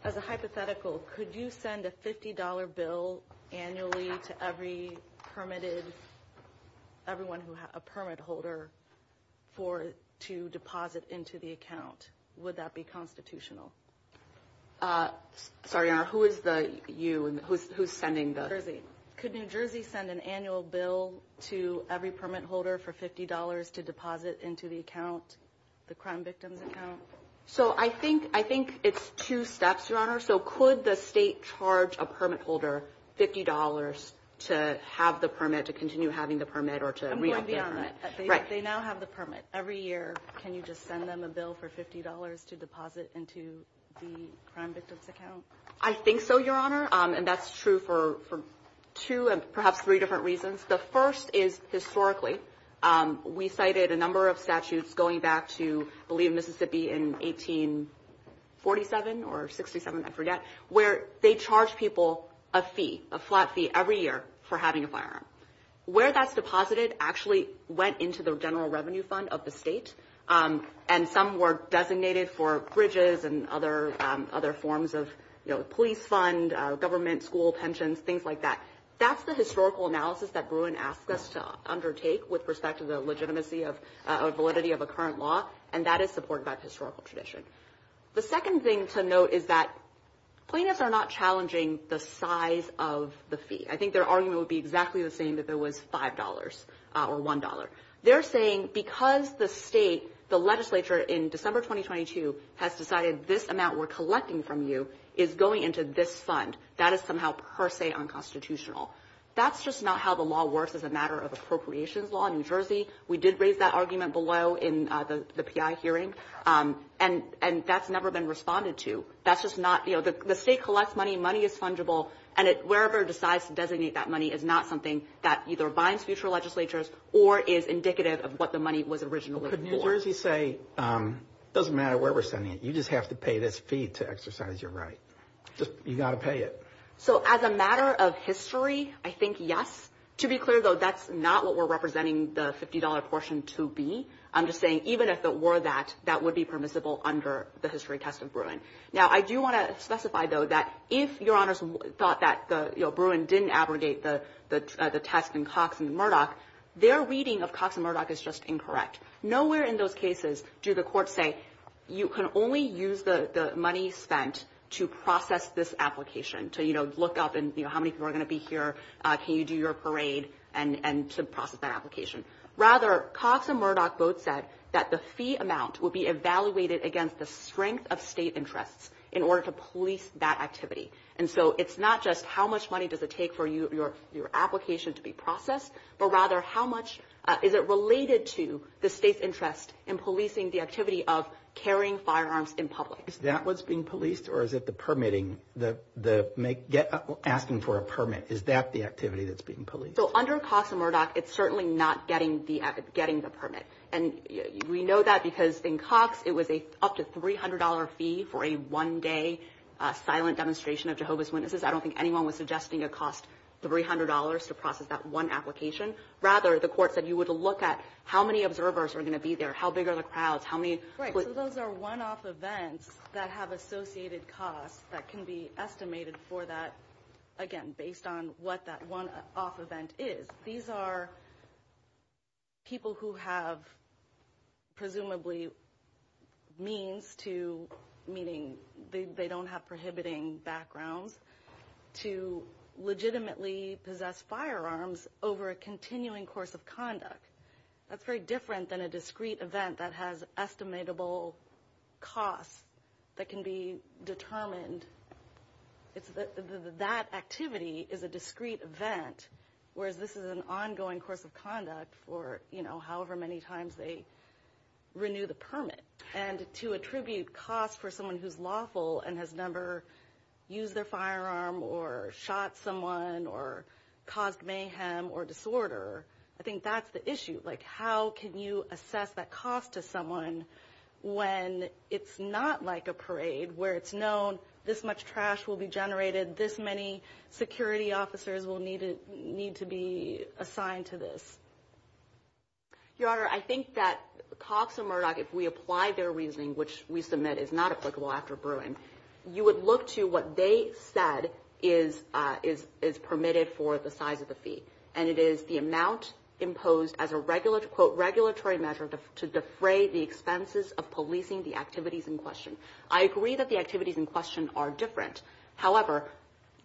as a hypothetical, could you send a $50 bill annually to every permitted – everyone who is a permit holder for – to deposit into the account? Would that be constitutional? MS. RAYMOND Sorry, Your Honor. Who is the – you – who's sending the – RAYMOND Could New Jersey send an annual bill to every permit holder for $50 to deposit into the account, the crime victim's account? RAYMOND So I think it's two steps, Your Honor. So could the state charge a permit holder $50 to have the permit, to continue having the permit, or to – MS. RAYMOND They now have the permit. Every year can you just send them a bill for $50 to deposit into the crime victim's account? RAYMOND I think so, Your Honor, and that's true for two and perhaps three different reasons. The first is historically we cited a number of statutes going back to, I believe, Mississippi in 1847 or 1867, I forget, where they charged people a fee, a flat fee every year for having a firearm. Where that's deposited actually went into the general revenue fund of the state, and some were designated for bridges and other forms of, you know, police fund, government, school pensions, things like that. That's the historical analysis that Bruin asked us to undertake with respect to the legitimacy of validity of a current law, and that is supported by historical tradition. The second thing to note is that plaintiffs are not challenging the size of the fee. I think their argument would be exactly the same that there was $5 or $1. They're saying because the state, the legislature in December 2022 has decided this amount we're collecting from you is going into this fund, that is somehow per se unconstitutional. That's just not how the law works as a matter of appropriations law in New Jersey. We did raise that argument below in the PI hearing, and that's never been responded to. That's just not – you know, the state collects money, money is fungible, and it – wherever it decides to designate that money is not something that either binds future legislatures or is indicative of what the money was originally for. But New Jersey say it doesn't matter where we're sending it. You just have to pay this fee to exercise your right. You've got to pay it. So as a matter of history, I think yes. To be clear, though, that's not what we're representing the $50 portion to be. I'm just saying even if it were that, that would be permissible under the history test of Bruin. Now, I do want to specify, though, that if Your Honors thought that the – you know, Bruin didn't abrogate the test in Cox and Murdoch, their reading of Cox and Murdoch is just incorrect. Nowhere in those cases do the courts say you can only use the money spent to process this application, to, you know, look up and, you know, how many people are going to be here, can you do your parade, and to process that application. Rather, Cox and Murdoch both said that the fee amount would be evaluated against the strength of state interests in order to police that activity. And so it's not just how much money does it take for your application to be processed, but rather how much – is it related to the state's interest in policing the activity of carrying firearms in public? Is that what's being policed, or is it the permitting, the asking for a permit? Is that the activity that's being policed? So under Cox and Murdoch, it's certainly not getting the permit. And we know that because in Cox, it was up to a $300 fee for a one-day silent demonstration of Jehovah's Witnesses. I don't think anyone was suggesting it cost $300 to process that one application. Rather, the court said you would look at how many observers are going to be there, how big are the crowds, how many – Right, so those are one-off events that have associated costs that can be estimated for that – again, based on what that one-off event is. These are people who have presumably means to – meaning they don't have prohibiting backgrounds – to legitimately possess firearms over a continuing course of conduct. That's very different than a discrete event that has estimable costs that can be determined. It's – that activity is a discrete event, whereas this is an ongoing course of conduct for however many times they renew the permit. And to attribute costs for someone who's lawful and has never used a firearm or shot someone or caused mayhem or disorder, I think that's the issue. Like, how can you assess that cost to someone when it's not like a parade where it's known this much trash will be generated, this many security officers will need to be assigned to this? Your Honor, I think that Cox and Murdoch, if we apply their reasoning, which we submit is not applicable after Brewing, you would look to what they said is permitted for the size of the fee. And it is the amount imposed as a, quote, regulatory measure to defray the expenses of policing the activities in question. I agree that the activities in question are different. However,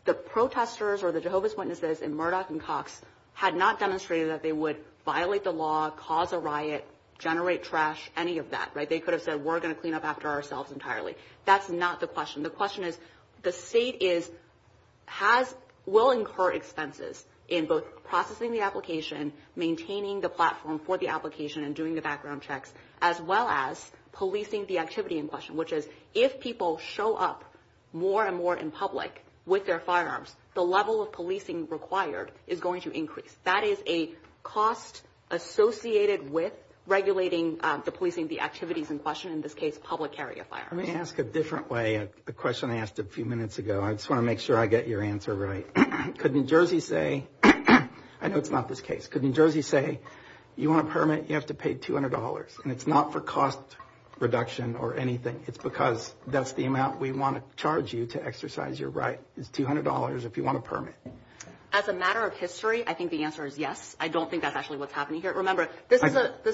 the protesters or the Jehovah's Witnesses and Murdoch and Cox had not demonstrated that they would violate the law, cause a riot, generate trash, any of that, right? They could have said we're going to clean up after ourselves entirely. That's not the question. The question is the state is – has – will incur expenses in both processing the application, maintaining the platform for the application, and doing the background checks, as well as policing the activity in question, which is if people show up more and more in public with their firearms, the level of policing required is going to increase. That is a cost associated with regulating the policing, the activities in question, in this case, public area firearms. Let me ask a different way at the question I asked a few minutes ago. I just want to make sure I get your answer right. Could New Jersey say – I know it's not this case. Could New Jersey say you want a permit, you have to pay $200. It's not for cost reduction or anything. It's because that's the amount we want to charge you to exercise your right. It's $200 if you want a permit. As a matter of history, I think the answer is yes. I don't think that's actually what's happening here. Remember, this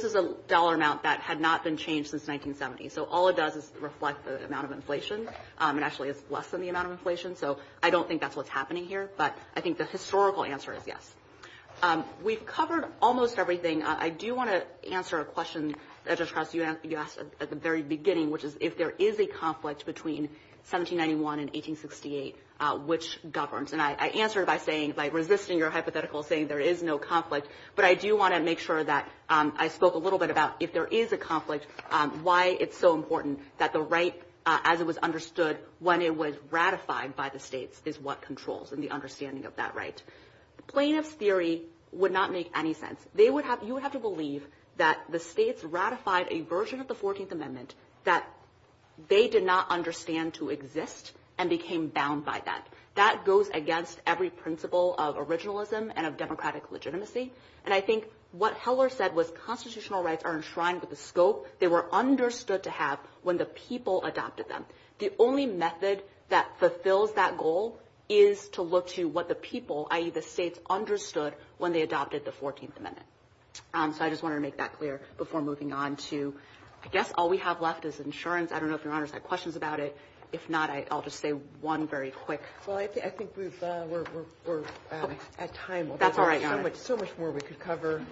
is a dollar amount that had not been changed since 1970. So all it does is reflect the amount of inflation. It actually is less than the amount of inflation. So I don't think that's what's happening here. But I think the historical answer is yes. We've covered almost everything. I do want to answer a question that I just asked you at the very beginning, which is if there is a conflict between 1791 and 1868, which governs? And I answered by saying – by resisting your hypothetical saying there is no conflict. But I do want to make sure that – I spoke a little bit about if there is a conflict, why it's so important that the right, as it was understood when it was ratified by the states, is what controls and the understanding of that right. The plaintiff's theory would not make any sense. You would have to believe that the states ratified a version of the 14th Amendment that they did not understand to exist and became bound by that. That goes against every principle of originalism and of democratic legitimacy. And I think what Heller said was constitutional rights are enshrined with the scope they were understood to have when the people adopted them. The only method that fulfills that goal is to look to what the people, i.e. the states, understood when they adopted the 14th Amendment. So I just wanted to make that clear before moving on to – I guess all we have left is insurance. I don't know if your Honor has had questions about it. If not, I'll just say one very quick. MS. HILLERY Well, I think we've – we're at time. MS. HILLERY That's all right, Your Honor. HILLERY So much more we could cover.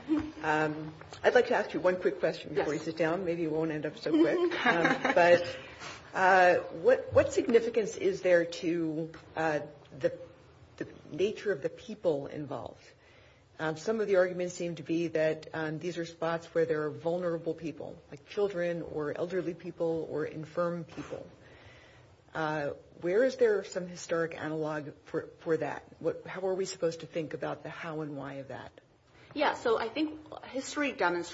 I'd like to ask you one quick question before we sit down. Maybe it won't end up so quick. But what significance is there to the nature of the people involved? Some of the arguments seem to be that these are spots where there are vulnerable people, like children or elderly people or infirm people. Where is there some historic analog for that? How are we supposed to think about the how and why of that? MS. HILLERY I think it's important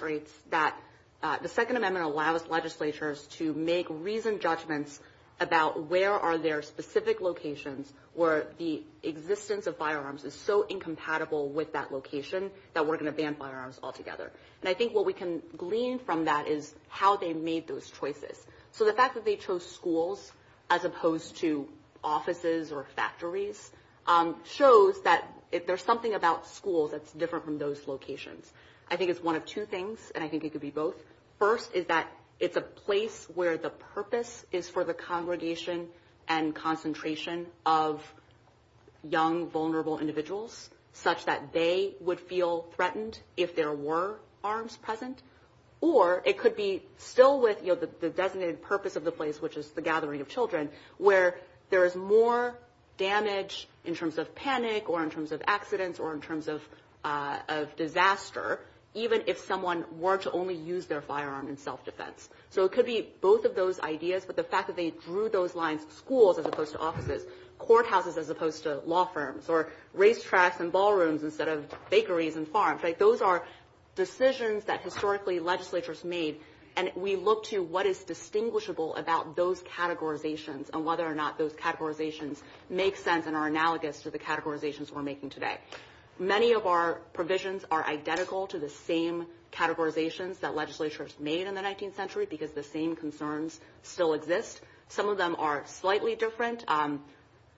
for us to make reasoned judgments about where are their specific locations where the existence of firearms is so incompatible with that location that we're going to ban firearms altogether. And I think what we can glean from that is how they made those choices. So the fact that they chose schools as opposed to offices or factories shows that if there's something about schools that's different from those locations. I think it's one of two things, and I think it could be both. First is that it's a place where the purpose is for the congregation and concentration of young, vulnerable individuals such that they would feel threatened if there were arms present. Or it could be still with the designated purpose of the place, which is the gathering of children, where there is more damage in terms of panic or in terms of accidents or in terms of disaster, even if someone were to only use their firearm in self-defense. So it could be both of those ideas, but the fact that they drew those lines – schools as opposed to offices, courthouses as opposed to law firms, or racetracks and ballrooms instead of bakeries and farms – right, those are decisions that historically legislatures made, and we look to what is distinguishable about those categorizations and whether or not those categorizations make sense and are analogous to the categorizations we're making today. Many of our provisions are identical to the same categorizations that legislatures made in the 19th century because the same concerns still exist. Some of them are slightly different.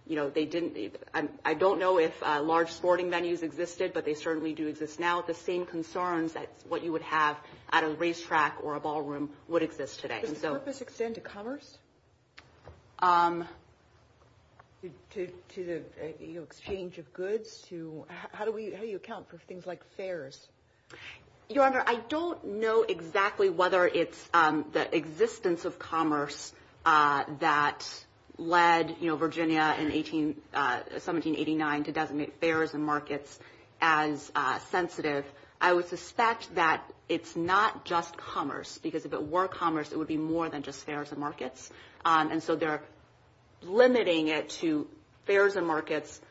You know, they didn't – I don't know if large sporting venues existed, but they certainly do exist now. The same concerns that what you would have at a racetrack or a ballroom would exist today. Does this extend to commerce, to the exchange of goods, to – how do you account for things like fares? Your Honor, I don't know exactly whether it's the existence of commerce that led Virginia in 1789 to designate fares and markets as sensitive. I would suspect that it's not just commerce, because if it were commerce, it would be more than just fares and markets. And so they're limiting it to fares and markets.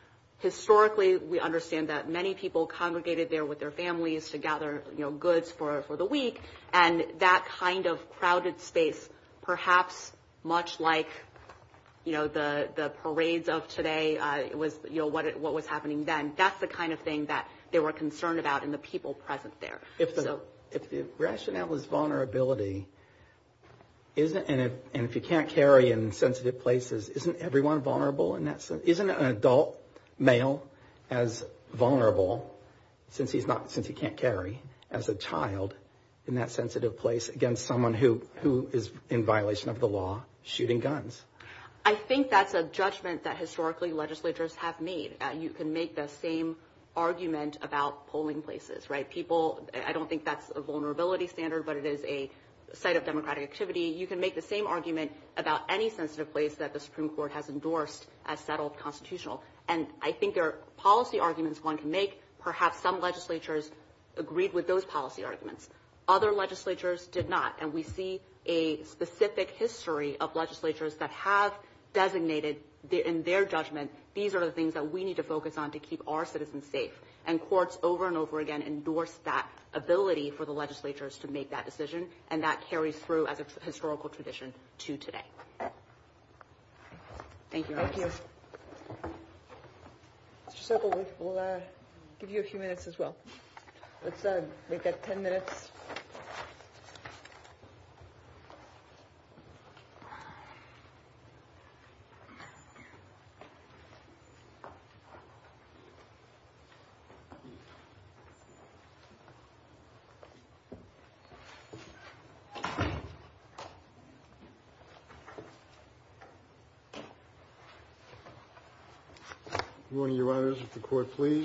Historically, we understand that many people congregated there with their families to gather goods for the week, and that kind of crowded space, perhaps much like, you know, the parades of today was – you know, what was happening then, that's the kind of thing that they were concerned about in the people present there. If the rationale is vulnerability, isn't – and if you can't carry in sensitive places, isn't everyone vulnerable in that sense? Isn't an adult male as vulnerable since he's not – since he can't carry as a child in that sensitive place against someone who is in violation of the law shooting guns? I think that's a judgment that historically legislatures have made, that you can make the same argument about polling places, right? People – I don't think that's a vulnerability standard, but it is a site of democratic activity. You can make the same argument about any sensitive place that the Supreme Court has endorsed as settled constitutional. And I think there are policy arguments one can make. Perhaps some legislatures agreed with those policy arguments. Other legislatures did not. And we see a specific history of legislatures that have designated in their judgment, these are the things that we need to focus on to keep our citizens safe. And courts over and over again endorsed that ability for the legislatures to make that decision, and that carries through as a historical tradition to today. Thank you. MS. DELLINGER And thank you.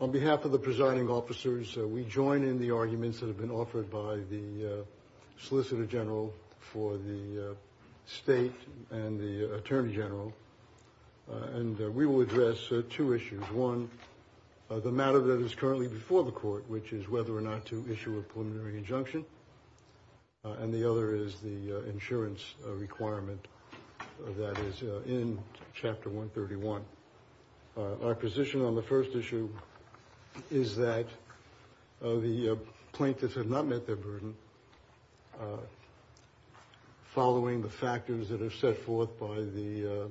On behalf of the presiding officers, we join in the arguments that have been offered by the Solicitor General for the State and the Attorney General, and we will address two issues. One, the matter that is currently before the Court, which is whether or not to issue a preliminary injunction, and the other is the insurance requirement that is in Chapter 131. Our position on the first issue is that the plaintiffs have not met their burden, following the factors that are set forth by the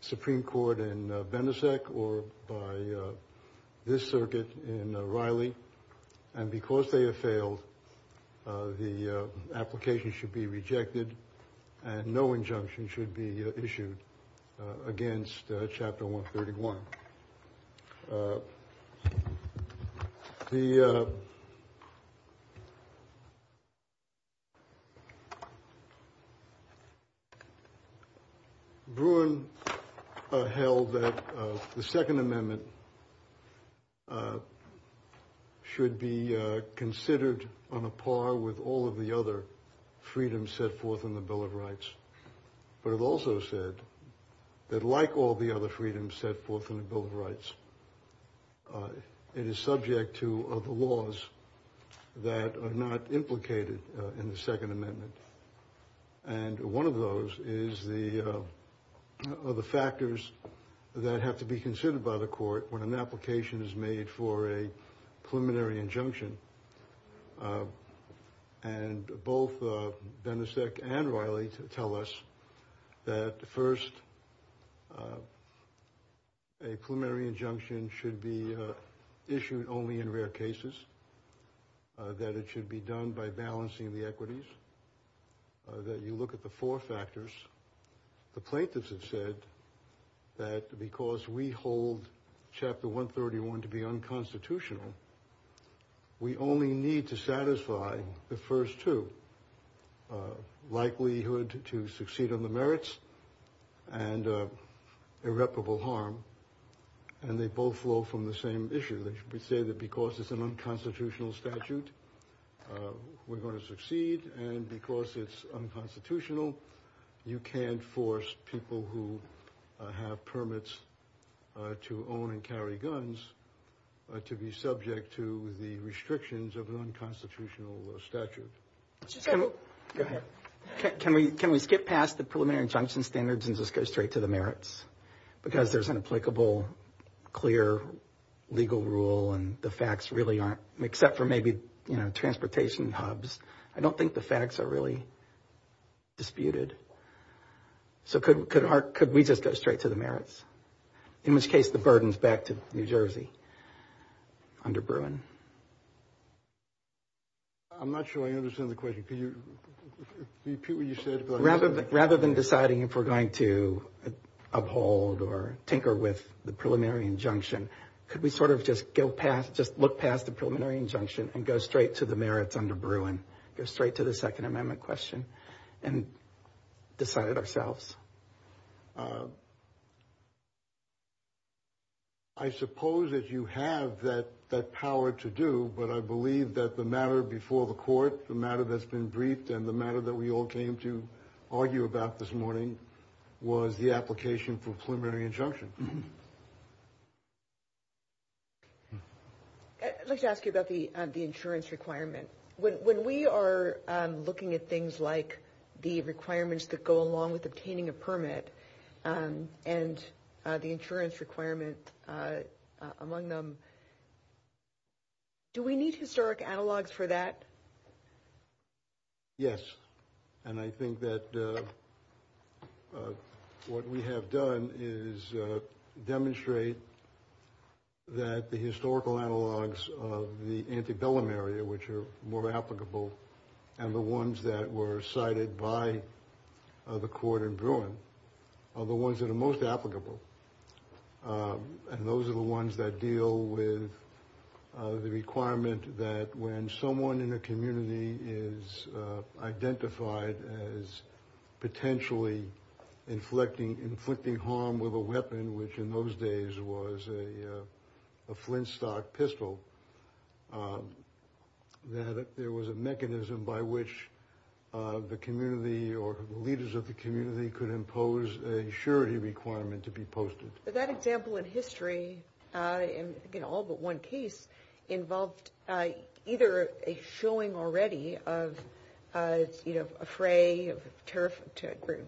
Supreme Court in Bendisec or by this circuit in Riley, and because they have failed, the application should be rejected and no injunction should be issued against Chapter 131. The Bruin held that the Second Amendment should be considered on a par with all of the other freedoms set forth in the Bill of Rights, but it also said that like all the other freedoms set forth in the Bill of Rights, it is subject to the laws that are not implicated in the Second Amendment, and one of those is the other factors that have to be considered by the Court when an application is made for a preliminary injunction, and both Bendisec and Riley tell us that first, a preliminary injunction should be issued only in rare cases, that it should be done by balancing the equities, that you look at the four factors. The plaintiffs have said that because we hold Chapter 131 to be unconstitutional, we only need to satisfy the first two, likelihood to succeed on the merits and irreparable harm, and they both flow from the same issue. They say that because it's an unconstitutional statute, we're going to succeed, and because it's unconstitutional, you can't force people who have permits to own and carry guns to be subject to the restrictions of an unconstitutional statute. Can we skip past the preliminary injunction standards and just go straight to the merits, because there's an applicable, clear, legal rule, and the facts really aren't, except for maybe, you know, transportation hubs. I don't think the facts are really disputed, so could we just go straight to the merits, in which case the burden's back to New Jersey under Bruin. I'm not sure I understand the question. Could you repeat what you said? Rather than deciding if we're going to uphold or tinker with the preliminary injunction, could we sort of just go past, just look past the preliminary injunction and go straight to the merits under Bruin, go straight to the Second Amendment question and decide it ourselves? I suppose that you have that power to do, but I believe that the matter before the court, the matter that's been briefed, and the matter that we all came to argue about this morning was the application for preliminary injunction. I'd like to ask you about the insurance requirement. When we are looking at things like the requirements that go along with obtaining a permit and the insurance requirement among them, do we need historic analogs for that? Yes. And I think that what we have done is demonstrate that the historical analogs of the antebellum area, which are more applicable, and the ones that were cited by the court in Bruin are the ones that are most applicable. And those are the ones that deal with the requirement that when someone in a community is identified as potentially inflicting harm with a weapon, which in those days was a Flintstock pistol, that there was a mechanism by which the community or the leaders of the community could impose a surety requirement to be posted. But that example in history, in all but one case, involved either a showing already of a fray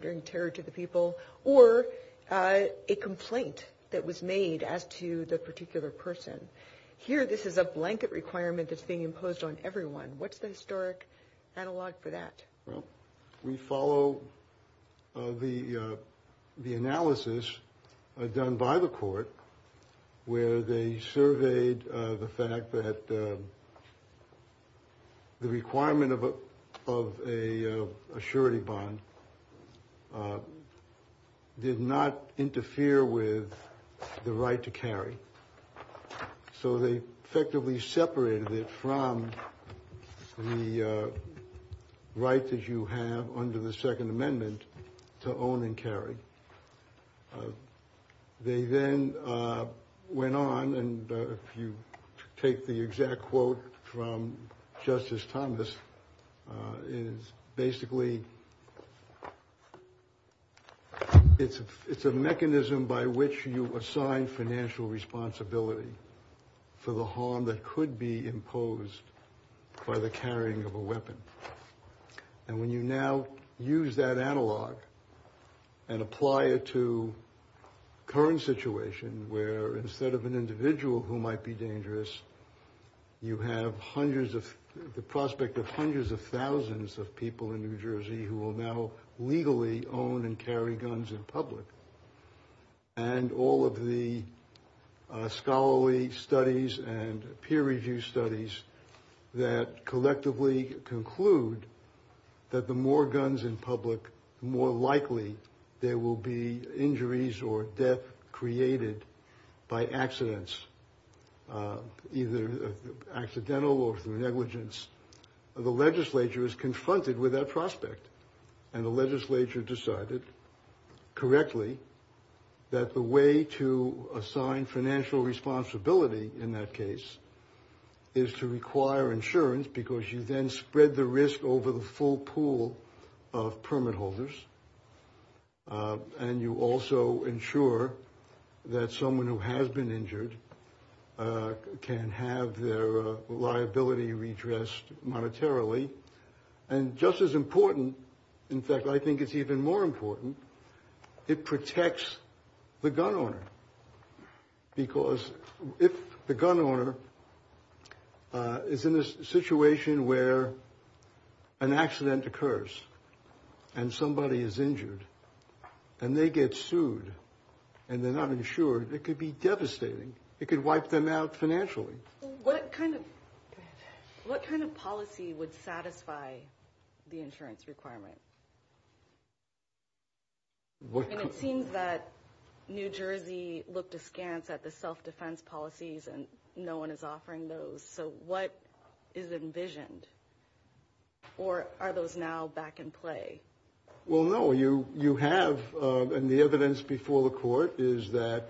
during terror to the people, or a complaint that was made as to the particular person. Here, this is a blanket requirement that's being imposed on everyone. What's the historic analog for that? We follow the analysis done by the court, where they surveyed the fact that the requirement of a surety bond did not interfere with the right to carry. So, they effectively separated it from the right that you have under the Second Amendment to own and carry. They then went on, and if you take the exact quote from Justice Thomas, it is basically – it's a mechanism by which you assign financial responsibility for the harm that could be imposed by the carrying of a weapon. And when you now use that analog and apply it to current situation, where instead of an individual who might be dangerous, you have hundreds of – the prospect of hundreds of thousands of people in New Jersey who will now legally own and carry guns in public. And all of the scholarly studies and peer-reviewed studies that collectively conclude that the more guns in public, the more likely there will be injuries or death created by accidents, either accidental or through negligence. The legislature is confronted with that prospect, and the legislature decided correctly that the way to assign financial responsibility in that case is to require insurance because you then spread the risk over the full pool of permit holders, and you also ensure that someone who has been injured can have their liability redressed monetarily. And just as important – in fact, I think it's even more important – it protects the gun owner, because if the gun owner is in a situation where an accident occurs and somebody is injured and they get sued and they're not insured, it could be devastating. It could wipe them out financially. QUESTION What kind of – what kind of policy would satisfy the insurance requirement? SECRETARY KERRY And it seems that New Jersey looked askance at the self-defense policies, and no one is offering those. So what is envisioned, or are those now back in play? MR. POWELL Well, no, you have – and the evidence before the court is that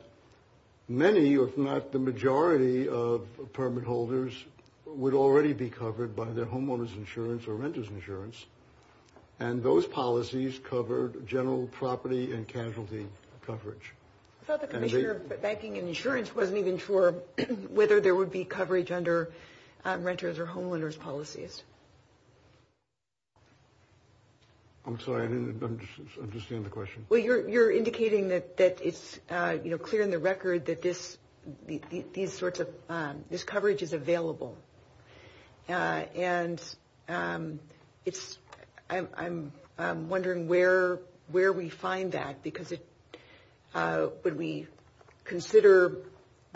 many, if not the majority, of permit holders would already be covered by their homeowner's insurance or renter's insurance, and those policies covered general property and casualty coverage. QUESTION I thought the Commissioner of Banking and Insurance wasn't even sure whether there would be coverage under renter's or homeowner's policies. MR. POWELL I'm sorry, I didn't – I'm just seeing the question. QUESTION Well, you're indicating that it's clear in the record that this – these sorts of – this coverage is available. And it's – I'm wondering where we find that, because it – would we consider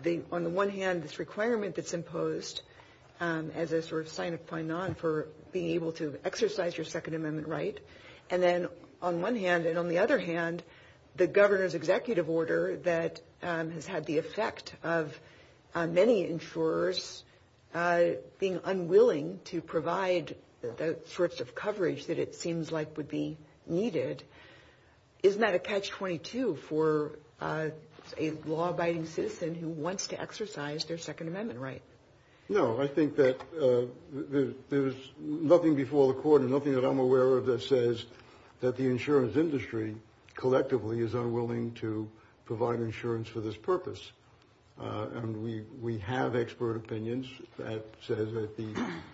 the – on the one hand, this requirement that's imposed as a sort of sign of fine art for being able to exercise your Second Amendment right? And then on one hand, and on the other hand, the governor's executive order that has had the effect of many insurers being unwilling to provide the sorts of coverage that it seems like would be needed. Isn't that a catch-22 for a law-abiding citizen who wants to exercise their Second Amendment right? MR. POWELL No, I think that there's nothing before the court and nothing that I'm aware of that says that the insurance industry collectively is unwilling to provide insurance for this purpose. And we have expert opinions that says that the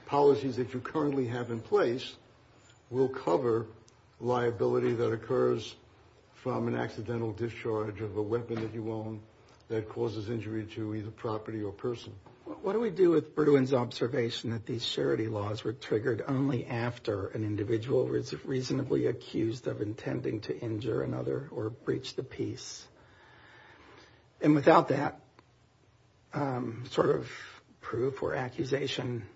policies that you currently have in place will cover liability that occurs from an accidental discharge of a weapon that you own that causes injury to either property or person. QUESTION What do we do with Erdogan's observation that these charity laws were triggered only after an individual was reasonably accused of intending to injure another or breach the peace? And without that sort of proof or accusation,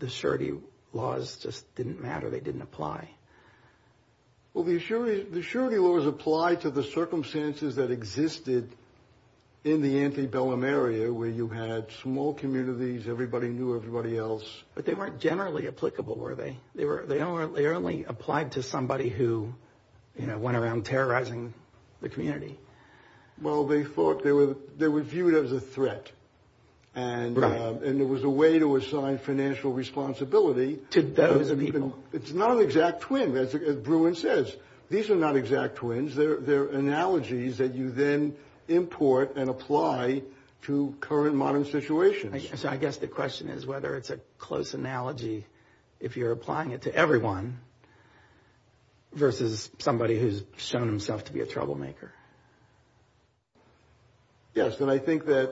the charity laws just didn't matter, they didn't apply. MR. POWELL Well, the charity laws apply to the circumstances that existed in the antebellum area where you had small communities, everybody knew everybody else. QUESTION But they weren't generally applicable, were they? They only applied to somebody who went around terrorizing the community. MR. POWELL Well, they thought they were viewed as a threat and it was a way to assign financial responsibility. It's not an exact twin, as Bruin says. These are not exact twins, they're analogies that you then import and apply to current modern situations. QUESTION So I guess the question is whether it's a close analogy if you're applying it to everyone versus somebody who's shown himself to be a troublemaker. MR. POWELL Yes, and I think that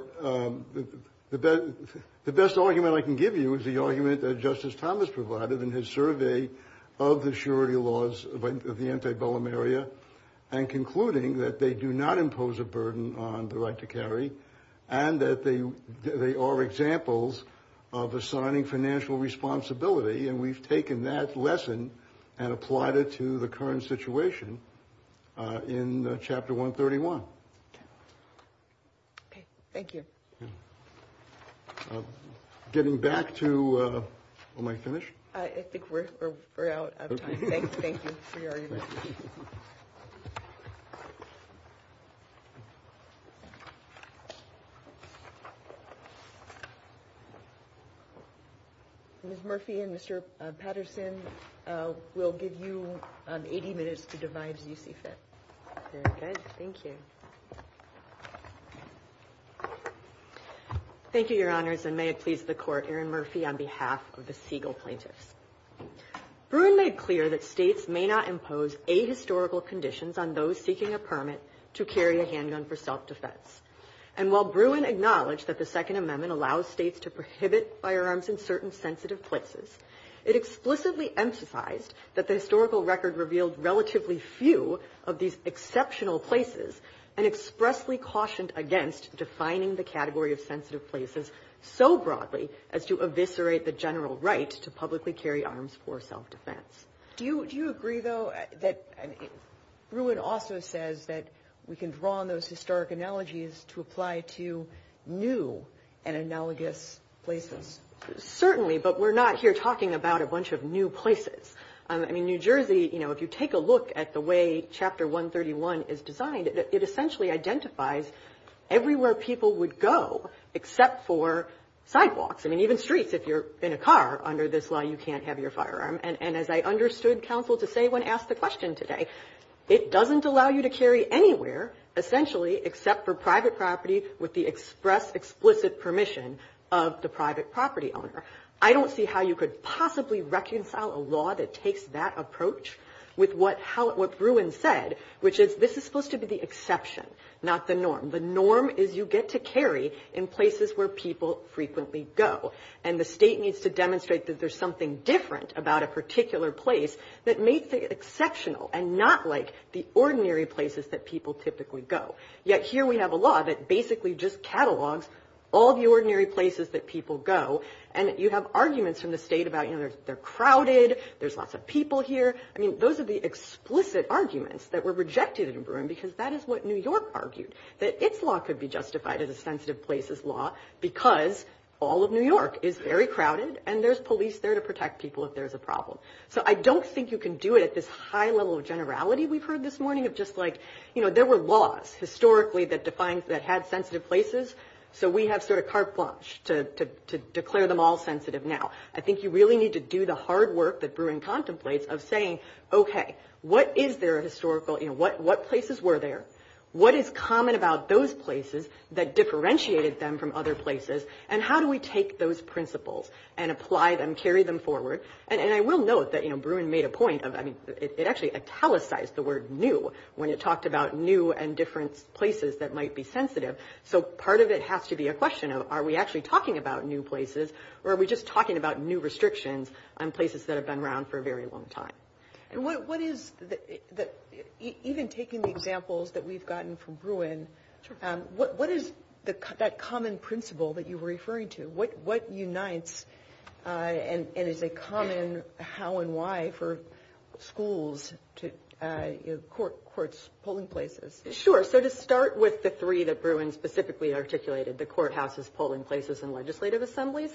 the best argument I can give you is the argument that Justice Thomas provided in his survey of the charity laws of the antebellum area and concluding that they do not impose a burden on the right to carry and that they are examples of assigning financial responsibility and we've taken that lesson and applied it to the current situation in Chapter 131. MODERATOR Okay. Thank you. MR. POWELL Thank you. Getting back to – am I finished? MODERATOR I think we're out of time. Thank you for your remarks. Ms. Murphy and Mr. Patterson, we'll give you 80 minutes to divide and you can take that. MS. MURPHY Very good. Thank you. Thank you, Your Honors, and may it please the Court, Erin Murphy on behalf of the Siegel plaintiffs. Bruin made clear that states may not impose ahistorical conditions on those seeking a permit to carry a handgun for self-defense. And while Bruin acknowledged that the Second Amendment allows states to prohibit firearms in certain sensitive places, it explicitly emphasized that the historical record revealed relatively few of these exceptional places and expressly cautioned against defining the category of sensitive places so broadly as to eviscerate the general right to publicly carry arms for self-defense. MS. MURPHY Do you agree, though, that – Bruin also says that we can draw on those historic analogies to apply to new and analogous places. MS. MURPHY Certainly, but we're not here talking about a bunch of new places. I mean, New Jersey, you know, if you take a look at the way Chapter 131 is designed, it essentially identifies everywhere people would go except for sidewalks. I mean, even streets. If you're in a car under this law, you can't have your firearm. And as I understood counsel to say when asked the question today, it doesn't allow you to carry anywhere essentially except for private property with the express explicit permission of the private property owner. I don't see how you could possibly reconcile a law that takes that approach with what Bruin said, which is this is supposed to be the exception, not the norm. The norm is you get to carry in places where people frequently go. And the state needs to demonstrate that there's something different about a particular place that makes it exceptional and not like the ordinary places that people typically go. Yet here we have a law that basically just catalogs all the ordinary places that people go. And you have arguments in the state about, you know, they're crowded, there's lots of people here. I mean, those are the explicit arguments that were rejected in Bruin because that is what New York argued, that its law could be justified as a sensitive places law because all of New York is very crowded and there's police there to protect people if there's a problem. So I don't think you can do it at this high level of just like, you know, there were laws historically that defined, that had sensitive places. So we have sort of carte blanche to declare them all sensitive now. I think you really need to do the hard work that Bruin contemplates of saying, okay, what is their historical, you know, what places were there? What is common about those places that differentiated them from other places? And how do we take those principles and apply them, carry them forward? And I will note that, you know, Bruin made a point of, I mean, it actually italicized the word new when it talked about new and different places that might be sensitive. So part of it has to be a question of, are we actually talking about new places or are we just talking about new restrictions on places that have been around for a very long time? And what is, even taking the examples that we've gotten from Bruin, what is that common principle that you were referring to? What unites and is a common how and why for schools to courts, polling places? Sure. So to start with the three that Bruin specifically articulated, the courthouses, polling places, and legislative assemblies,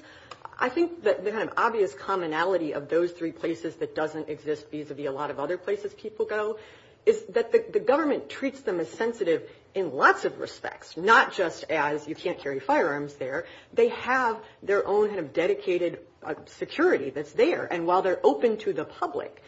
I think that the kind of obvious commonality of those three places that doesn't exist vis-a-vis a lot of other places people go is that the government treats them as sensitive in lots of respects, not just as you can't carry firearms there. They have their own kind of dedicated security that's there. And while they're open to the public,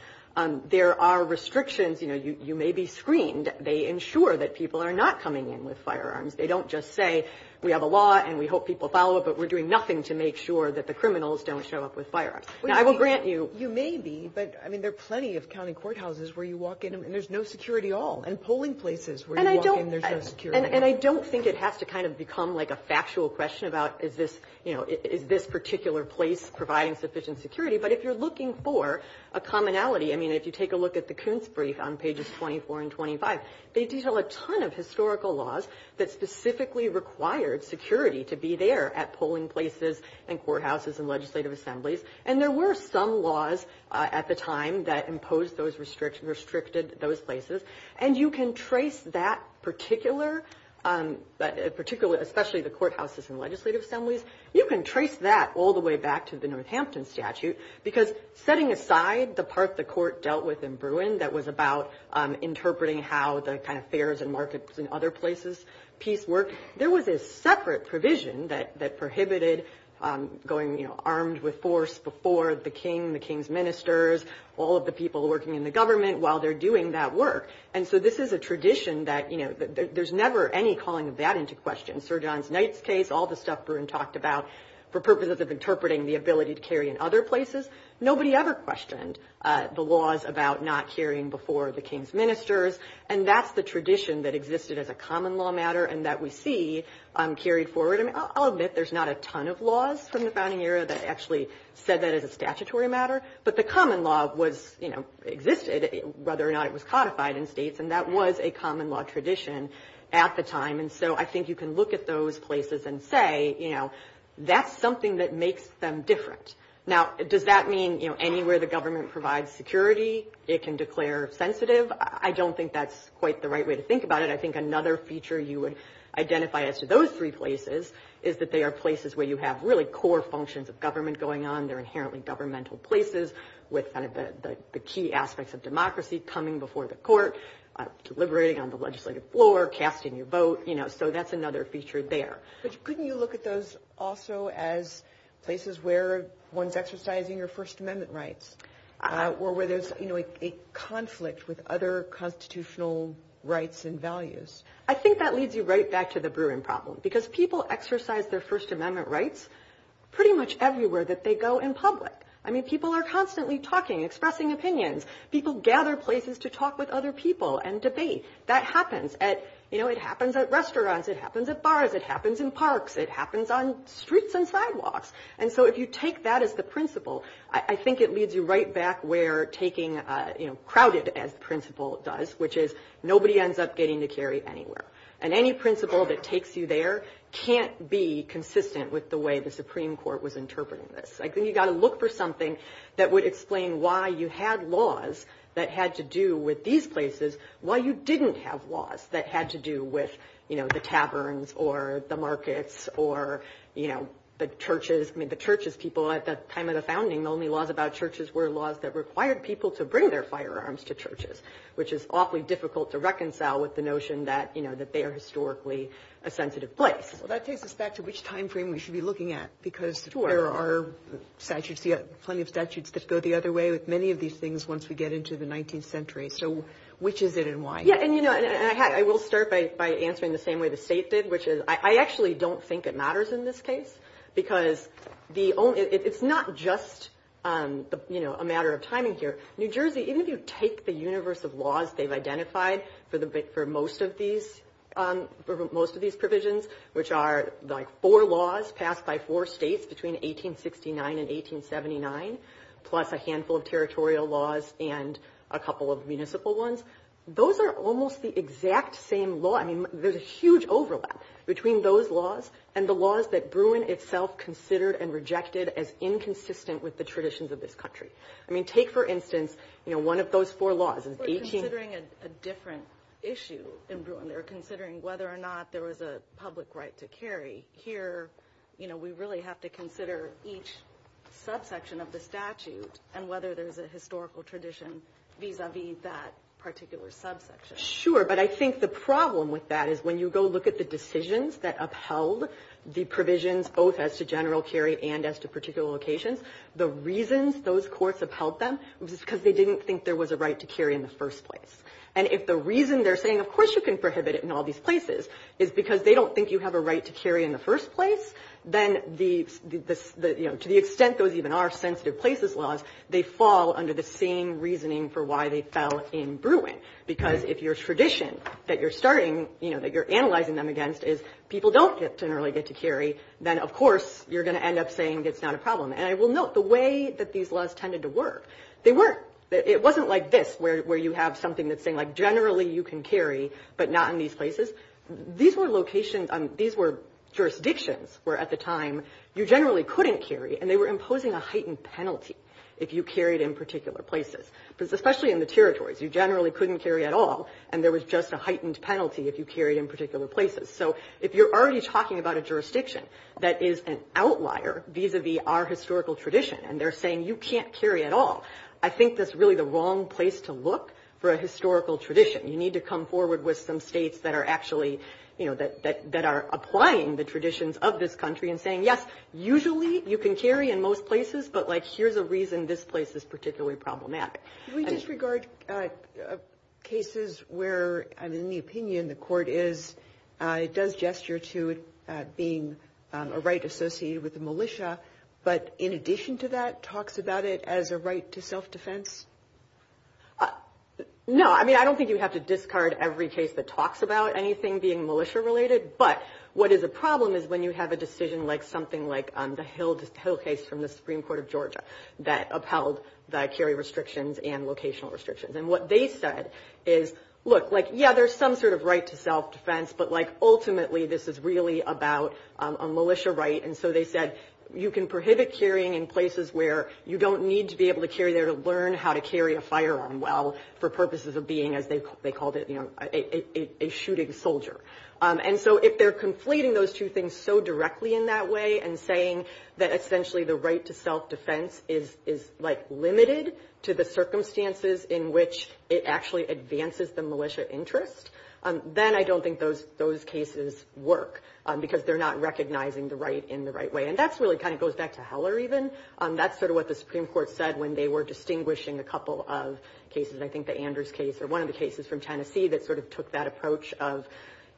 there are restrictions. You may be screened. They ensure that people are not coming in with firearms. They don't just say, we have a law and we hope people follow it, but we're doing nothing to make sure that the criminals don't show up with firearms. Now, I will grant you- You may be, but I mean, there are plenty of county courthouses where you walk in and there's no security at all. And polling places where you walk in, there's no security. And I don't think it has to kind of become like a factual question about, is this particular place providing sufficient security? But if you're looking for a commonality, I mean, if you take a look at the Kuntz brief on pages 24 and 25, they detail a ton of historical laws that specifically required security to be there at polling places and courthouses and legislative assemblies. And there were some laws at the time that imposed those restrictions, restricted those places. And you can trace that particular, but particularly, especially the courthouses and legislative assemblies, you can trace that all the way back to the Northampton statute, because setting aside the part the court dealt with in Bruin that was about interpreting how the kind of fairs and markets and other places, peace work, there was a separate provision that prohibited going, you know, armed with force before the king, the king's ministers, all of the people working in the government while they're doing that work. And so this is a tradition that, you know, there's never any calling of that into question. Sir John Knight's case, all the stuff Bruin talked about for purposes of interpreting the ability to carry in other places. Nobody ever questioned the laws about not carrying before the king's ministers. And that's the tradition that existed as a common law matter and that we see carried forward. And I'll admit, there's not a ton of laws from the founding era that actually said that as a statutory matter. But the common law was, you know, existed, whether or not it was codified in states, and that was a common law tradition at the time. And so I think you can look at those places and say, you know, that's something that makes them different. Now, does that mean, you know, anywhere the government provides security, it can declare sensitive? I don't think that's quite the right way to think about it. I think another feature you would identify as to those three places is that they are places where you have really core functions of government going on. They're inherently governmental places with the key aspects of democracy coming before the court, deliberating on the legislative floor, casting your vote, you know, so that's another feature there. But couldn't you look at those also as places where one's exercising their First Amendment rights, or where there's, you know, a conflict with other constitutional rights and values? I think that leads you right back to the Bruin problem, because people exercise their First Amendment rights in public. I mean, people are constantly talking, expressing opinions. People gather places to talk with other people and debate. That happens at, you know, it happens at restaurants, it happens at bars, it happens in parks, it happens on streets and sidewalks. And so if you take that as the principle, I think it leads you right back where taking, you know, crowded as principle does, which is nobody ends up getting to carry anywhere. And any principle that takes you there can't be consistent with the way the Supreme Court was interpreting this. Like, you got to look for something that would explain why you had laws that had to do with these places while you didn't have laws that had to do with, you know, the taverns or the markets or, you know, the churches. I mean, the churches, people at the time of the founding, the only laws about churches were laws that required people to bring their firearms to churches, which is awfully difficult to reconcile with the notion that, you know, that they are historically a sensitive place. Well, that takes us back to which time frame we should be looking at, because there are statutes, plenty of statutes that go the other way with many of these things once we get into the 19th century. So which is it and why? Yeah, and you know, I will start by answering the same way the state did, which is I actually don't think it matters in this case, because it's not just, you know, a matter of timing here. New Jersey, even if you take the universe of laws they've identified for most of these for most of these provisions, which are like four laws passed by four states between 1869 and 1879, plus a handful of territorial laws and a couple of municipal ones, those are almost the exact same law. I mean, there's a huge overlap between those laws and the laws that Bruin itself considered and rejected as inconsistent with the traditions of this country. I mean, take for instance, you know, one of those four laws. We're considering a different issue in Bruin. They're considering whether or not there was a public right to carry. Here, you know, we really have to consider each subsection of the statute and whether there's a historical tradition vis-a-vis that particular subsection. Sure, but I think the problem with that is when you go look at the decisions that upheld the provisions both as to general carry and as to particular locations, the reasons those courts upheld them was because they didn't think there was a right to carry in the first place. And if the reason they're saying, of course you can prohibit it in all these places is because they don't think you have a right to carry in the first place, then to the extent those even are sensitive places laws, they fall under the same reasoning for why they fell in Bruin. Because if your tradition that you're starting, you know, that you're analyzing them against is people don't generally get to carry, then of course you're going to end up saying it's not a problem. And I will note the way that these laws tended to work, they weren't, it wasn't like this where you have something that's saying like generally you can carry but not in these places. These were jurisdictions where at the time you generally couldn't carry and they were imposing a heightened penalty if you carried in particular places. Because especially in the territories, you generally couldn't carry at all and there was just a heightened penalty if you carried in particular places. So if you're already talking about a jurisdiction that is an vis-a-vis our historical tradition and they're saying you can't carry at all, I think that's really the wrong place to look for a historical tradition. You need to come forward with some states that are actually, you know, that are applying the traditions of this country and saying yes, usually you can carry in most places but like here's the reason this place is particularly problematic. We disregard cases where I mean the opinion in the court is it does gesture to being a right associated with the militia but in addition to that talks about it as a right to self-defense. No, I mean I don't think you have to discard every case that talks about anything being militia related but what is a problem is when you have a decision like something like the Hill case from the Supreme Court of Georgia that upheld the carry restrictions and locational restrictions. And what they said is look like yeah there's some sort of right to self-defense but like ultimately this is really about a militia right and so they said you can prohibit carrying in places where you don't need to be able to carry there to learn how to carry a firearm well for purposes of being as they called it, you know, a shooting soldier. And so if they're conflating those two things so directly in that way and saying that essentially the right to self-defense is like limited to the circumstances in which it actually advances the militia interest then I don't think those cases work because they're not recognizing the right in the right way. And that's really kind of goes back to Heller even. That's sort of what the Supreme Court said when they were distinguishing a couple of cases. I think the Anders case or one of the cases from Tennessee that sort of took that approach of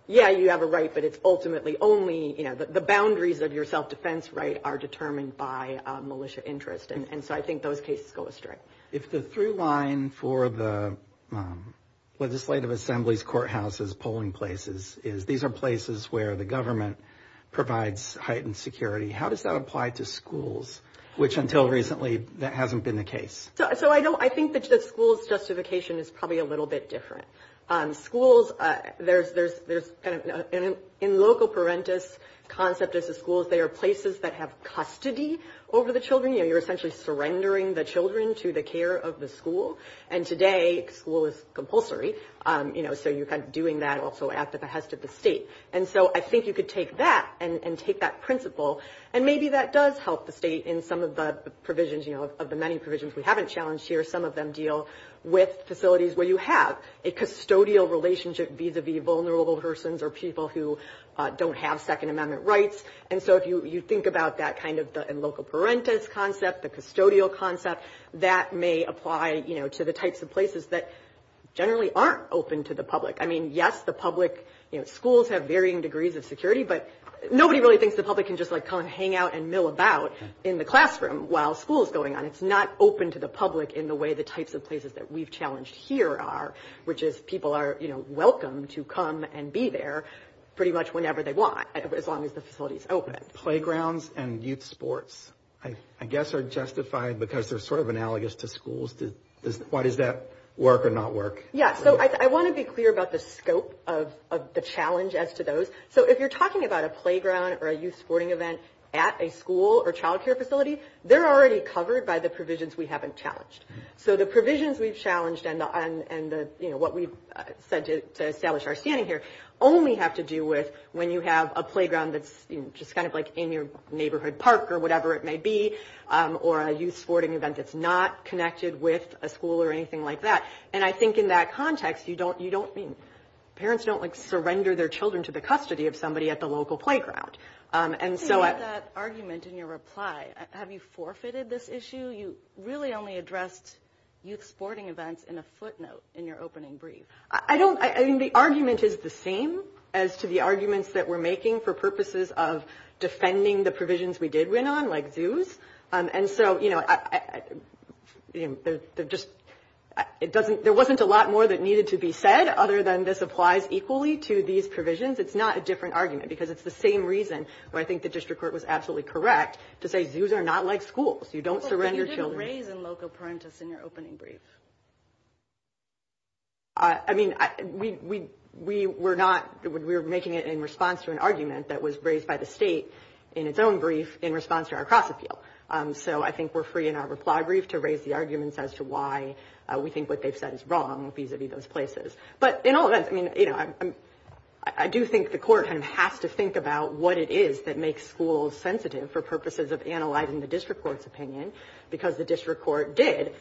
yeah you have a right but it's ultimately only, you know, the boundaries of your self-defense right are determined by militia interest and so I think those cases go astray. If the through line for the Legislative Assembly's courthouses polling places is these are places where the government provides heightened security. How does that apply to schools which until recently that hasn't been the case? So I think that the school's justification is probably a little bit different. Schools, there's kind of in local parentis concept of the schools, they are places that have custody over the children. You know, you're essentially surrendering the children to the care of the and today school is compulsory, you know, so you're kind of doing that also at the behest of the state. And so I think you could take that and take that principle and maybe that does help the state in some of the provisions, you know, of the many provisions we haven't challenged here. Some of them deal with facilities where you have a custodial relationship vis-a-vis vulnerable persons or people who don't have Second Amendment rights. And so if you think about that kind of in local parentis concept, the custodial concept, that may apply, you know, to the types of places that generally aren't open to the public. I mean, yes, the public, you know, schools have varying degrees of security, but nobody really thinks the public can just like come and hang out and mill about in the classroom while school is going on. It's not open to the public in the way the types of places that we've challenged here are, which is people are, you know, welcome to come and be there pretty much whenever they want, as long as the facility is open. Playgrounds and youth sports, I guess, are justified because they're sort of analogous to schools. Why does that work or not work? Yeah, so I want to be clear about the scope of the challenge as to those. So if you're talking about a playground or a youth sporting event at a school or child care facility, they're already covered by the provisions we haven't challenged. So the provisions we've challenged and the, you know, what we've said to establish here only have to do with when you have a playground that's just kind of like in your neighborhood park or whatever it may be, or a youth sporting event that's not connected with a school or anything like that. And I think in that context, you don't, you don't, I mean, parents don't like surrender their children to the custody of somebody at the local playground. And so that argument in your reply, have you forfeited this issue? You really only addressed youth sporting events in a footnote in your opening brief. I don't, I mean, the argument is the same as to the arguments that we're making for purposes of defending the provisions we did win on like zoos. And so, you know, there just, it doesn't, there wasn't a lot more that needed to be said other than this applies equally to these provisions. It's not a different argument because it's the same reason why I think the district court was absolutely correct to say, zoos are not like schools. You don't surrender your children. You didn't raise a local parentis in your opening brief. I mean, we were not, we were making it in response to an argument that was raised by the state in its own brief in response to our cross-appeal. So I think we're free in our reply brief to raise the arguments as to why we think what they've said is wrong vis-a-vis those places. But in all of that, I mean, you know, I do think the court has to think about what it is that makes schools sensitive for purposes of analyzing the district court's opinion because the district court did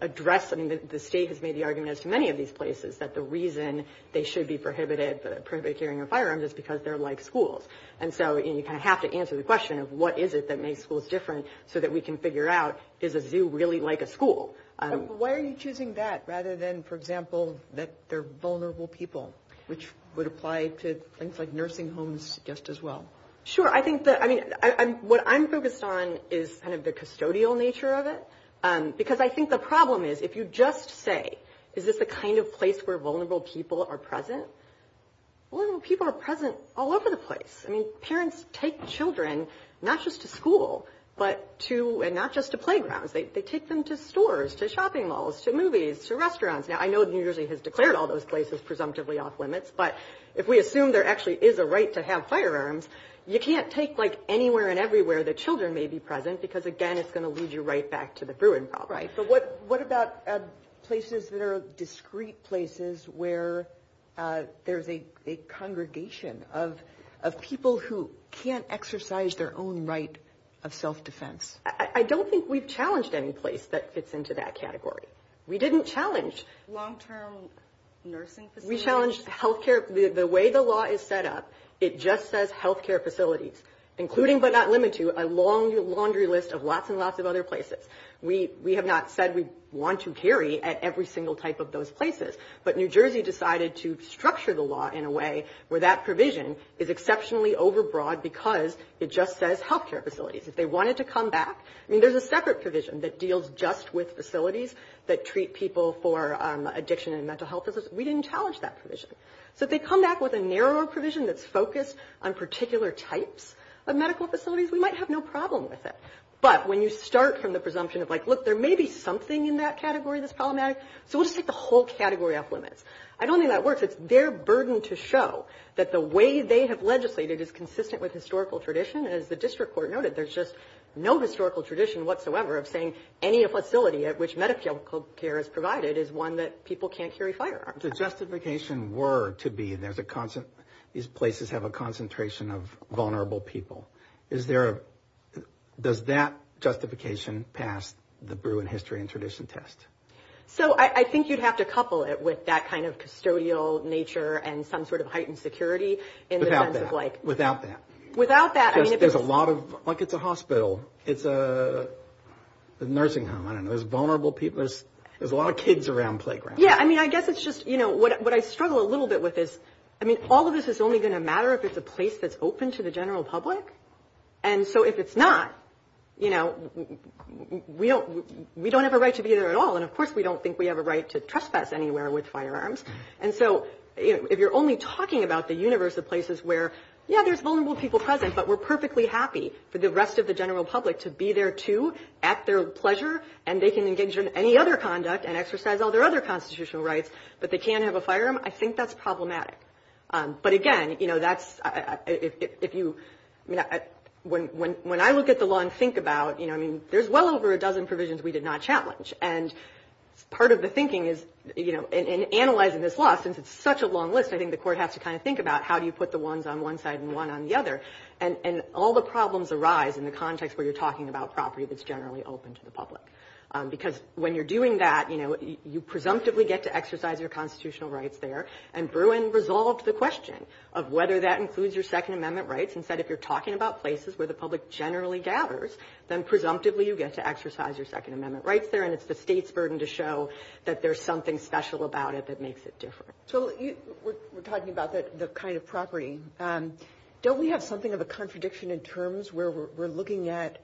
address, I mean, the state has made the argument as to many of these places that the reason they should be prohibited from clearing their firearms is because they're like schools. And so you kind of have to answer the question of what is it that makes schools different so that we can figure out, is a zoo really like a school? Why are you choosing that rather than, for example, that they're vulnerable people, which would apply to things like nursing homes just as well? Sure. I think that, I mean, what I'm focused on is kind of the custodial nature of it. Because I think the problem is, if you just say, is this the kind of place where vulnerable people are present, vulnerable people are present all over the place. I mean, parents take children not just to school, but to – and not just to playgrounds. They take them to stores, to shopping malls, to movies, to restaurants. Now, I know the university has declared all those places presumptively off-limits, but if we assume there actually is a right to have firearms, you can't take, like, anywhere and everywhere that children may be present because, again, it's going to lead you right back to the Bruin problem. Right. So what about places that are discrete places where there's a congregation of people who can't exercise their own right of self-defense? I don't think we've challenged any place that fits into that category. We didn't challenge. Long-term nursing facilities? We challenged healthcare – the way the law is set up, it just says healthcare facilities, including but not limited to a laundry list of lots and lots of other places. We have not said we want to carry every single type of those places, but New Jersey decided to structure the law in a way where that provision is exceptionally overbroad because it just says healthcare facilities. If they wanted to come back – I mean, there's a separate provision that deals just with facilities that treat people for addiction and mental health. We didn't challenge that provision. So if they come back with a narrower provision that's focused on particular types of medical facilities, we might have no problem with it. But when you start from the presumption of, like, look, there may be something in that category that's problematic, so we'll just take the whole category off limits. I don't think that works. It's their burden to show that the way they have legislated is consistent with historical tradition. As the district court noted, there's just no historical tradition whatsoever of saying any facility at which medical care is provided is one that people can't carry firearms. The justification were to be that these places have a concentration of vulnerable people. Does that justification pass the Bruin History and Tradition Test? So I think you'd have to couple it with that kind of custodial nature and some sort of heightened security in the sense of, like – Without that. Without that. Without that, I mean – There's a lot of – like, it's a hospital. It's a nursing home. I don't know. There's vulnerable people. There's a lot of kids around playgrounds. I mean, I guess it's just – what I struggle a little bit with is, I mean, all of this is only going to matter if there's a place that's open to the general public, and so if it's not, you know, we don't have a right to be there at all, and of course we don't think we have a right to trespass anywhere with firearms, and so if you're only talking about the universe of places where, yeah, there's vulnerable people present, but we're perfectly happy for the rest of the general public to be there, too, at their pleasure, and they can engage in any other conduct and exercise all their other constitutional rights, but they can't have a firearm, I think that's problematic, but again, you know, that's – if you – when I look at the law and think about, you know, I mean, there's well over a dozen provisions we did not challenge, and part of the thinking is, you know, in analyzing this law, since it's such a long list, I think the court has to kind of think about how do you put the ones on one side and one on the other, and all the problems arise in the context where you're talking about property that's open to the public, because when you're doing that, you know, you presumptively get to exercise your constitutional rights there, and Bruin resolved the question of whether that includes your Second Amendment rights, and said if you're talking about places where the public generally gathers, then presumptively you get to exercise your Second Amendment rights there, and it's the state's burden to show that there's something special about it that makes it different. So we're talking about the kind of property. Don't we have something of a contradiction in terms where we're looking at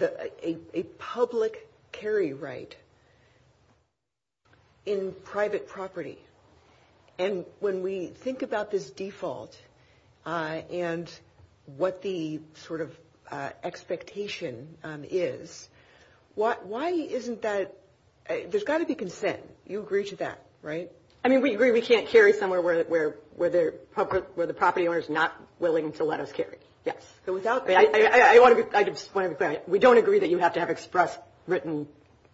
a public carry right in private property, and when we think about this default and what the sort of expectation is, why isn't that – there's got to be consent. You agree to that, right? I mean, we agree we can't carry somewhere where the property owner's not willing to let us carry. So without – We don't agree that you have to have express written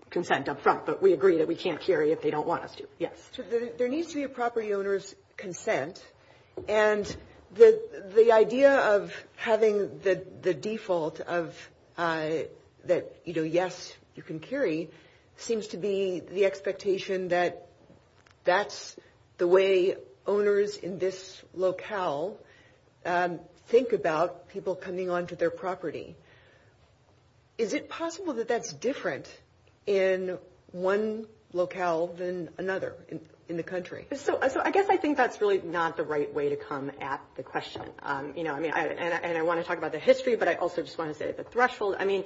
consent up front, but we agree that we can't carry if they don't want us to. So there needs to be a property owner's consent, and the idea of having the default of that, you know, yes, you can carry seems to be the expectation that that's the way owners in this locale think about people coming onto their property. Is it possible that that's different in one locale than another in the country? So I guess I think that's really not the right way to come at the question, you know, and I want to talk about the history, but I also just want to say the threshold. I mean,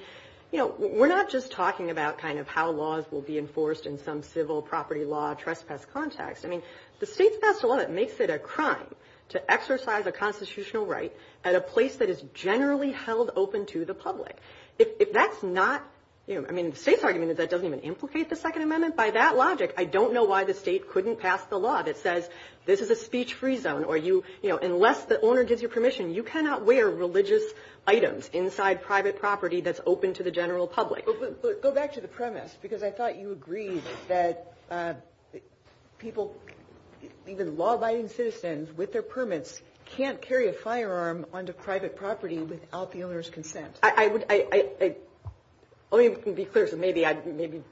you know, we're not just talking about kind of how laws will be enforced in some civil property law trespass context. I mean, the state passed a law that makes it a crime to exercise a constitutional right at a place that is generally held open to the public. If that's not – I mean, the state's arguing that that doesn't even implicate the Second Amendment. By that logic, I don't know why the state couldn't pass the law that says this is a speech-free zone or you – you know, unless the owner gives you permission, you cannot wear religious items inside private property that's open to the general public. Go back to the premise, because I thought you agreed that people – even law-abiding citizens with their permits can't carry a firearm onto private property without the owner's consent. Let me be clear, so maybe I – maybe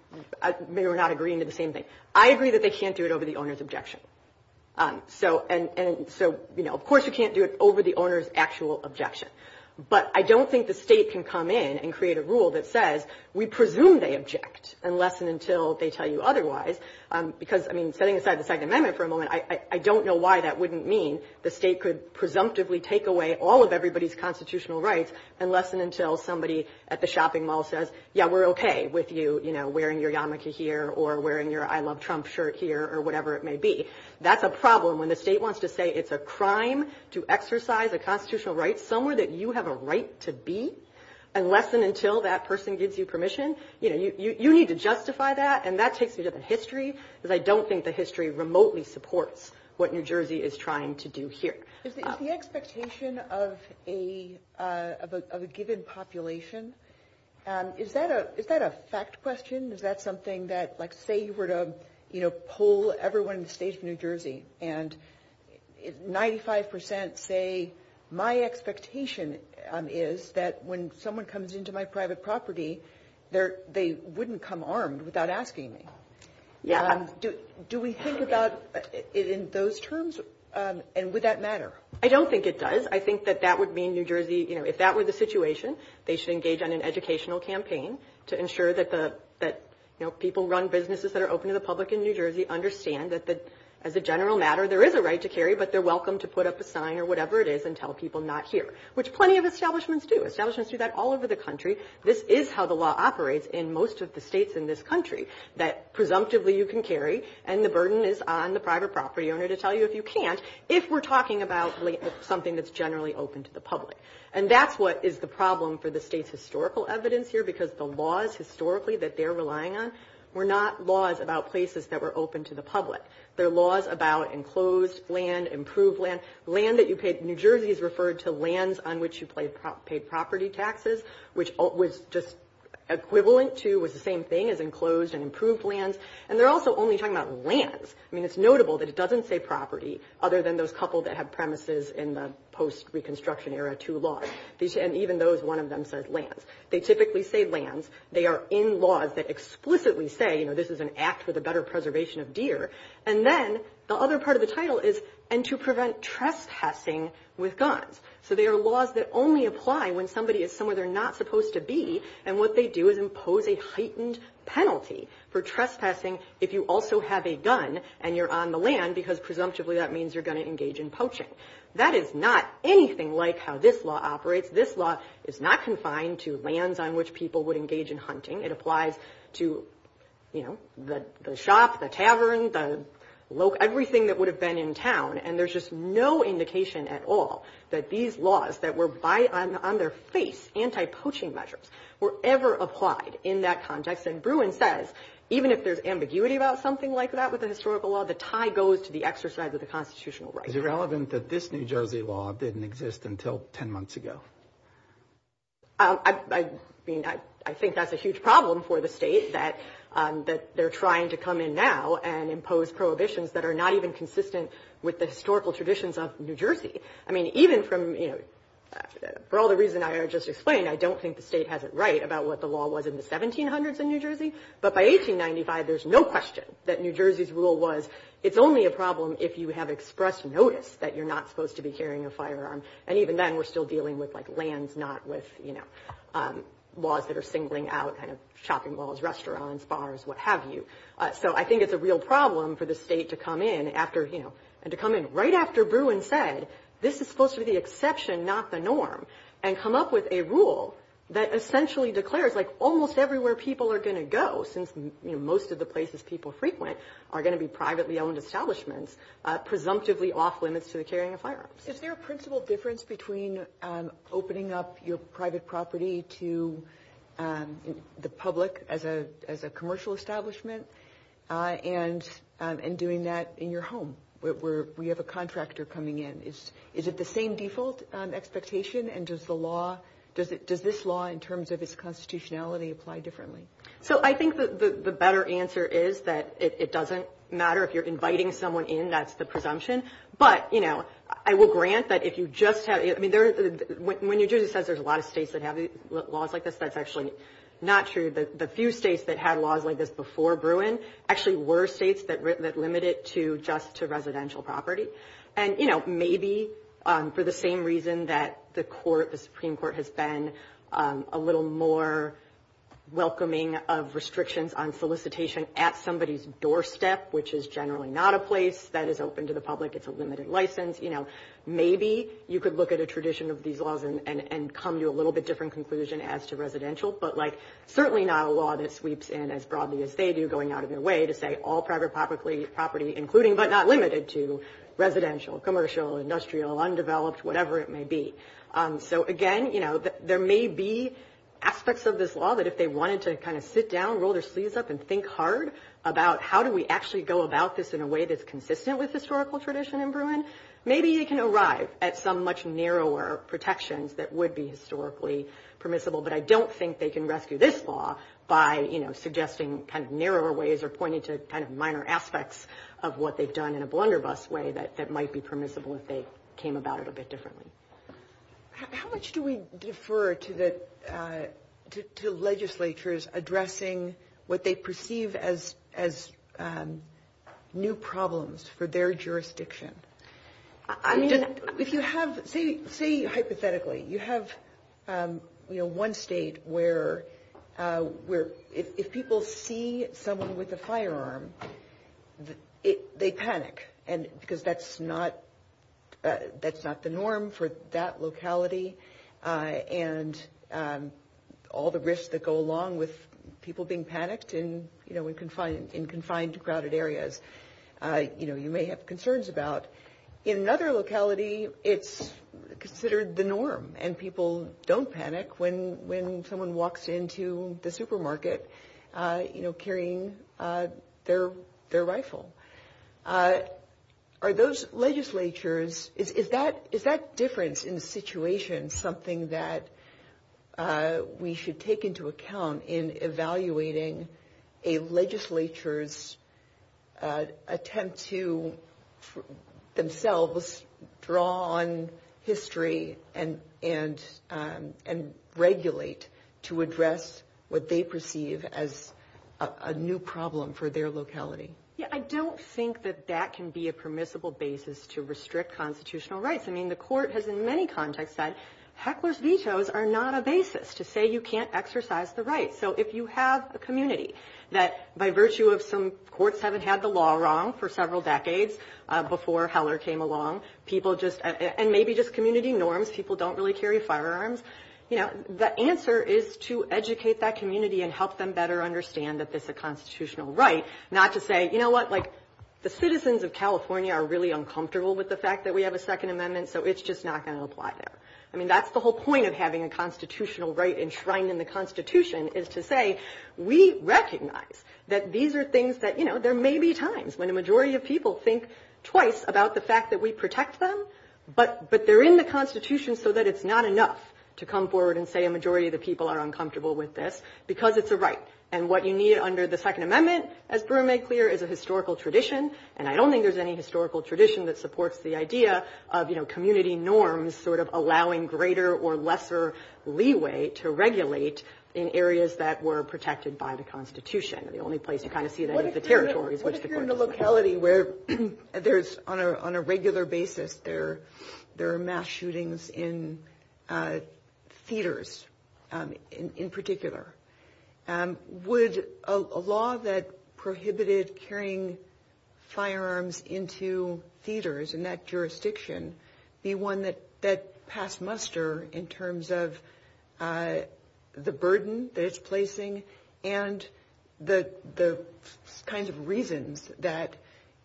we're not agreeing to the same thing. I agree that they can't do it over the owner's objection. So – and so, you know, of course you can't do it over the owner's actual objection. But I don't think the state can come in and create a rule that says, we presume they object, unless and until they tell you otherwise. Because, I mean, setting aside the Second Amendment for a moment, I don't know why that wouldn't mean the state could presumptively take away all of everybody's constitutional rights unless and until somebody at the shopping mall says, yeah, we're okay with you, you know, wearing your yarmulke here or wearing your I Love Trump shirt here or whatever it may be. That's a problem. When the state wants to say it's a crime to exercise a constitutional right somewhere that you have a right to be, unless and until that person gives you permission, you know, you need to justify that. And that takes you to the history. But I don't think the history remotely supports what New Jersey is trying to do here. Is the expectation of a given population – is that a fact question? Is that something that, like, say you were to, you know, poll everyone in the state of New Jersey, and 95 percent say my expectation is that when someone comes into my private property, they wouldn't come armed without asking me. Do we think about it in those terms? And would that matter? I don't think it does. I think that that would mean New Jersey – you know, if that were the situation, they should engage on an educational campaign to ensure that the – you know, people run businesses that are open to the public in New Jersey understand that as a general matter, there is a right to carry, but they're welcome to put up a sign or whatever it is and tell people not here, which plenty of establishments do. Establishments do that all over the country. This is how the law operates in most of the states in this country, that presumptively you can carry and the burden is on the private property owner to tell you if you can't, if we're talking about something that's generally open to the public. And that's what is the problem for the state's historical evidence here, because the laws historically that they're relying on were not laws about places that were open to the public. They're laws about enclosed land, improved land. Land that you paid – New Jersey is referred to lands on which you paid property taxes, which was just equivalent to – was the same thing as enclosed and improved lands. And they're also only talking about lands. I mean, it's notable that it doesn't say property, other than those couple that have premises in the post-reconstruction era to laws. And even those, one of them says lands. They typically say lands. They are in laws that explicitly say, you know, this is an act for the better preservation of deer. And then the other part of the title is, and to prevent trespassing with guns. So, they are laws that only apply when somebody is somewhere they're not supposed to be. And what they do is impose a heightened penalty for trespassing if you also have a gun and you're on the land, because presumptively that means you're going to engage in poaching. That is not anything like how this law operates. This law is not confined to lands on which people would engage in hunting. It applies to, you know, the shops, the taverns, the – everything that would have been in town. And there's just no indication at all that these laws that were on their face, anti-poaching measures, were ever applied in that context. And Bruin says, even if there's ambiguity about something like that with the historical law, the tie goes to the exercise of the constitutional right. Is it relevant that this New Jersey law didn't exist until 10 months ago? I mean, I think that's a huge problem for the state that they're trying to come in now and impose prohibitions that are not even consistent with the historical traditions of New Jersey. I mean, even from, you know – for all the reason I just explained, I don't think the state has it right about what the law was in the 1700s in New Jersey. But by 1895, there's no question that New Jersey had expressed notice that you're not supposed to be carrying a firearm. And even then, we're still dealing with, like, lands, not with, you know, laws that are singling out, kind of, shopping malls, restaurants, bars, what have you. So I think it's a real problem for the state to come in after – you know, and to come in right after Bruin said, this is supposed to be the exception, not the norm, and come up with a rule that essentially declares, like, almost everywhere people are going to go, since, you know, most of the places people frequent are going to be presumptively off-limits to carrying a firearm. Is there a principal difference between opening up your private property to the public as a commercial establishment and doing that in your home, where we have a contractor coming in? Is it the same default expectation? And does the law – does this law, in terms of its constitutionality, apply differently? So I think the better answer is that it doesn't matter if you're inviting someone in. That's the presumption. But, you know, I will grant that if you just have – I mean, there's – when Eugenia says there's a lot of states that have laws like this, that's actually not true. The few states that had laws like this before Bruin actually were states that limited to just to residential property. And, you know, maybe for the same reason that the court – the Supreme Court has been a little more welcoming of restrictions on solicitation at somebody's doorstep, which is generally not a place that is open to the public. It's a limited license. You know, maybe you could look at a tradition of these laws and come to a little bit different conclusion as to residential, but, like, certainly not a law that sweeps in as broadly as they do going out of their way to say all private property, including but not limited to residential, commercial, industrial, undeveloped, whatever it may be. So, again, you know, there may be aspects of this law that if they wanted to kind of sit down, roll their sleeves up, and think hard about how do we actually go about this in a way that's consistent with historical tradition in Bruin, maybe you can arrive at some much narrower protections that would be historically permissible. But I don't think they can rescue this law by, you know, suggesting kind of narrower ways or pointing to kind of minor aspects of what they've done in a blunderbuss way that might be permissible if they came about it a bit differently. How much do we defer to the legislatures addressing what they perceive as new problems for their jurisdiction? I mean, if you have – say, hypothetically, you have, you know, one state where if people see someone with a firearm, they panic, and – because that's not the norm for that locality, and all the risks that go along with people being panicked in, you know, in confined to crowded areas, you know, you may have concerns about. In another locality, it's considered the norm, and people don't panic when someone walks into the supermarket, you know, carrying their rifle. Are those legislatures – is that difference in the situation something that we should take into account in evaluating a legislature's attempt to themselves draw on history and regulate to address what they perceive as a new problem for their locality? Yeah, I don't think that that can be a permissible basis to restrict constitutional rights. I mean, the court has in many contexts said, heckler's vetoes are not a basis to say you can't exercise the rights. So if you have a community that, by virtue of some – courts haven't had the law wrong for several decades before Heller came along, people just – and maybe just community norms, people don't really carry firearms. You know, the answer is to educate that community and help them better understand that this is a constitutional right, not to say, you know what, like, the citizens of California are really uncomfortable with the fact that we have a Second Amendment, so it's just not going to apply there. I mean, that's the whole point of having a constitutional right enshrined in the Constitution is to say we recognize that these are things that – you know, there may be times when a majority of people think twice about the fact that we protect them, but they're in the Constitution so that it's not enough to come forward and say a majority of the people are uncomfortable with this because it's a right. And what you need under the Second Amendment, as Brewer made clear, is a historical tradition, and I don't think there's any historical tradition that supports the idea of, you know, community norms sort of allowing greater or lesser leeway to regulate in areas that were protected by the Constitution. The only place you kind of see that is the territories. But if you're in a locality where there's – on a regular basis, there are mass shootings in theaters in particular, would a law that prohibited carrying firearms into theaters in that jurisdiction be one that passed muster in terms of the burden that it's placing and the kinds of reasons that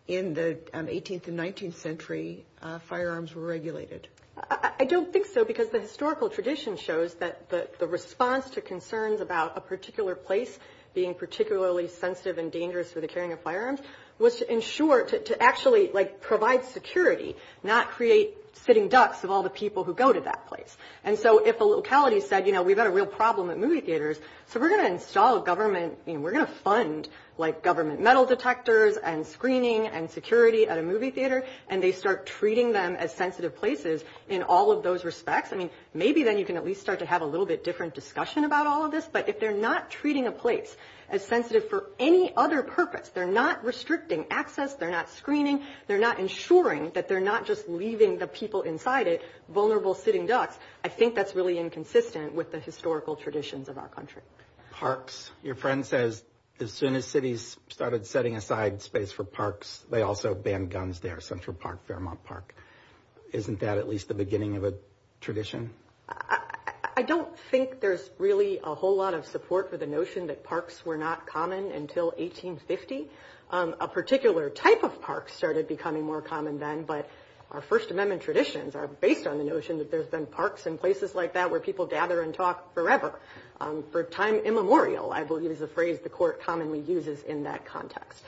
in the 18th and 19th century, firearms were regulated? I don't think so because the historical tradition shows that the response to concerns about a particular place being particularly sensitive and dangerous for the carrying of firearms was to ensure – to actually, like, provide security, not create sitting ducks of all the people who go to that place. And so if a locality said, you know, we've got a real problem at movie theaters, so we're going to install a government – we're going to fund, like, government metal detectors and screening and security at a movie theater, and they start treating them as sensitive places in all of those respects. I mean, maybe then you can at least start to have a little bit different discussion about all of this, but if they're not treating a place as sensitive for any other purpose – they're not restricting access, they're not screening, they're not ensuring that they're not just leaving the people inside it vulnerable sitting ducks – I think that's really inconsistent with the historical traditions of our country. Parks. Your friend says as soon as cities started setting aside space for parks, they also banned guns there – Central Park, Fairmont Park. Isn't that at least the beginning of a tradition? I don't think there's really a whole lot of support for the notion that parks were not common until 1850. A particular type of park started becoming more common then, but our First Amendment traditions are based on the notion that there's been parks and places like that where people gather and talk forever. For time immemorial, I will use a phrase the Court commonly uses in that context.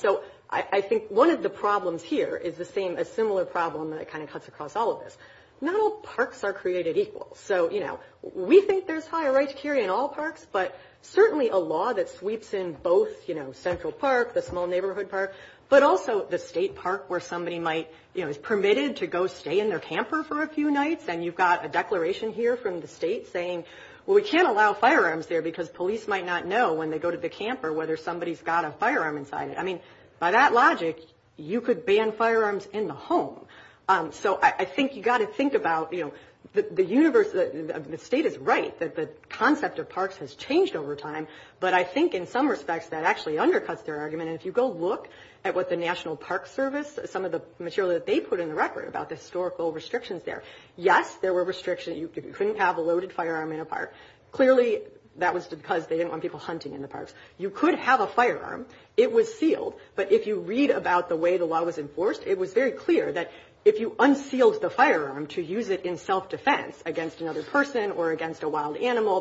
So I think one of the problems here is the same – a similar problem that kind of cuts across all of this. Not all parks are created equal. So, you know, we think there's higher rights here in all parks, but certainly a law that sweeps in both, you know, Central Park, the small neighborhood park, but also the state park where somebody might, you know, is permitted to go stay in their camper for a few nights and you've got a declaration here from the state saying, well, we can't allow firearms there because police might not know when they go to the camper whether somebody's got a firearm inside it. I mean, by that logic, you could ban firearms in the So I think you've got to think about, you know, the state is right that the concept of parks has changed over time, but I think in some respects that actually undercuts their argument. If you go look at what the National Park Service, some of the material that they put in the record about the historical restrictions there, yes, there were restrictions. You couldn't have a loaded firearm in a park. Clearly, that was because they didn't want people hunting in the parks. You could have a firearm. It was sealed, but if you read about the way the law was enforced, it was very clear that if you unsealed the firearm to use it in self-defense against another person or against a wild animal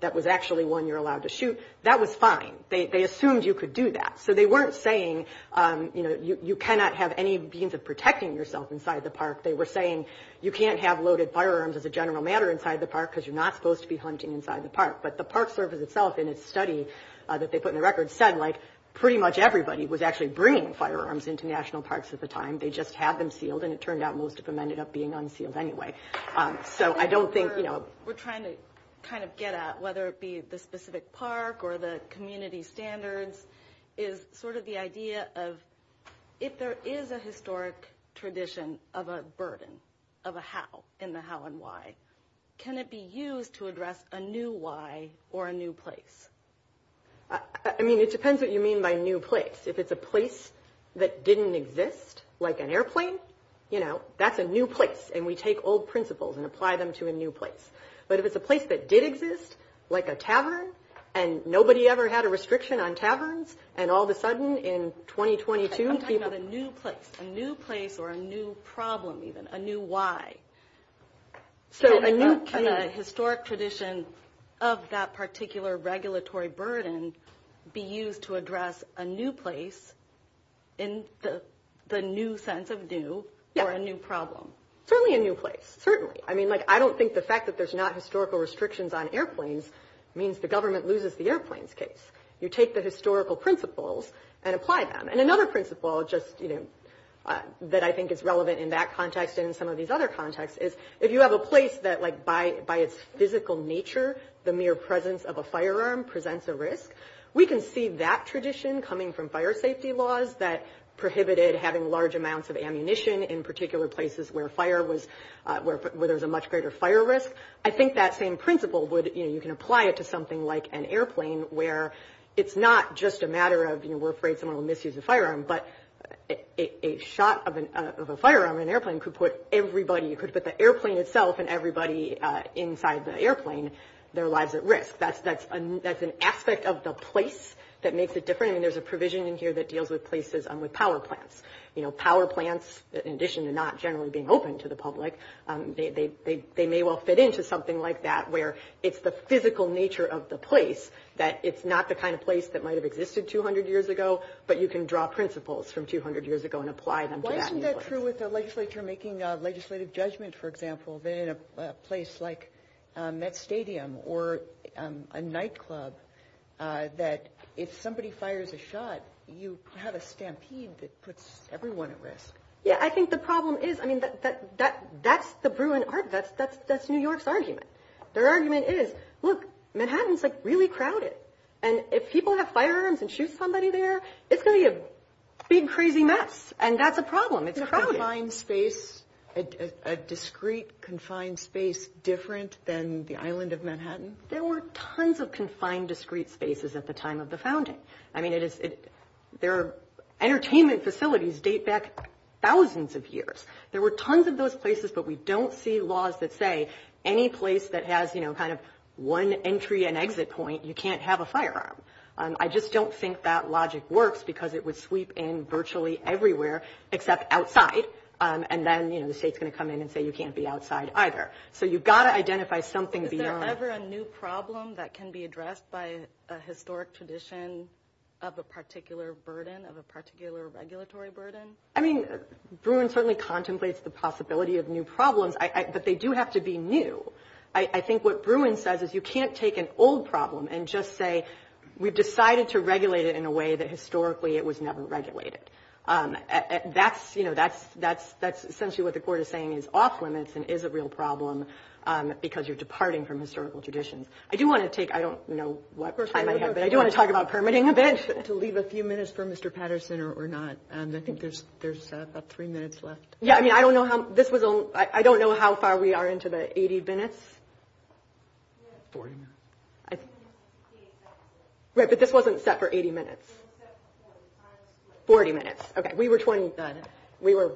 that was actually one you're allowed to shoot, that was fine. They assumed you could do that. So they weren't saying, you know, you cannot have any means of protecting yourself inside the park. They were saying you can't have loaded firearms as a general matter inside the park because you're not supposed to be hunting inside the park. But the Park Service itself in its study that they put in the record said, like, pretty much everybody was actually bringing firearms into national parks at the time. They just had them sealed, and it turned out most of them ended up being unsealed anyway. So I don't think, you know... We're trying to kind of get at whether it be the specific park or the community standards is sort of the idea of if there is a historic tradition of a burden of a how in the how and why, can it be used to address a new why or a new place? I mean, it depends what you mean by new place. If it's a place that didn't exist, like an airplane, you know, that's a new place. And we take old principles and apply them to a new place. But if it's a place that did exist, like a tavern, and nobody ever had a restriction on taverns, and all of a sudden in 2022 people... I'm talking about a new place, a new place or a new problem even, a new why. So a new... Can a historic tradition of that particular regulatory burden be used to address a new place in the new sense of new or a new problem? Certainly a new place. Certainly. I mean, like, I don't think the fact that there's not historical restrictions on airplanes means the government loses the airplanes case. You take the historical principles and apply them. And another principle just, you know, that I think is relevant in that context and some of these other contexts is if you have a place that, like, by its physical nature, the mere presence of a firearm presents a risk, we can see that tradition coming from fire safety laws that prohibited having large amounts of ammunition in particular places where there was a much greater fire risk. I think that same principle would, you know, you can apply it to something like an airplane, where it's not just a matter of, you know, we're afraid someone will misuse a firearm, but a shot of a firearm in an airplane could put everybody, it could put the airplane itself and everybody inside the airplane, their lives at risk. That's an aspect of the place that makes it different. And there's a provision in here that deals with places and with power plants. You know, power plants, in addition to not generally being open to the public, they may well fit into something like that where it's the physical nature of the place that it's not the kind of place that might have existed 200 years ago, but you can draw principles from 200 years ago and apply them. Why isn't that true with the legislature making legislative judgments, for example, in a place like Met Stadium or a nightclub, that if somebody fires a shot, you have a stampede that puts everyone at risk? Yeah, I think the problem is, I mean, that's the Bruin Art, that's New York's argument. Their argument is, look, Manhattan's, like, really crowded, and if people have firearms and shoot somebody there, it's gonna be a big, crazy mess, and that's a problem. Is a confined space, a discreet, confined space different than the island of Manhattan? There were tons of confined, discreet spaces at the time of the founding. I mean, their entertainment facilities date back thousands of years. There were tons of those places, but we don't see laws that say any place that has, you know, kind of one entry and exit point, you can't have a firearm. I just don't think that logic works, because it would sweep in virtually everywhere except outside, and then, you know, the state's going to come in and say you can't be outside either. So you've got to identify something beyond... Is there ever a new problem that can be addressed by a historic tradition of a particular burden, of a particular regulatory burden? I mean, Bruin certainly contemplates the possibility of new problems, but they do have to be new. I think what Bruin says is you can't take an old problem and just say we've decided to regulate it in a way that historically it was never regulated. That's, you know, that's essentially what the court is saying is off-limits and is a real problem, because you're departing from historical tradition. I do want to take, I don't know what time I have, but I do want to talk about permitting a bit. To leave a few minutes for Mr. Patterson or not, I think there's about three minutes left. Yeah, I mean, I don't know how this was... I don't know how far we are into the 80 minutes. 40? Right, but this wasn't set for 80 minutes. 40 minutes. Okay, we were 20, we were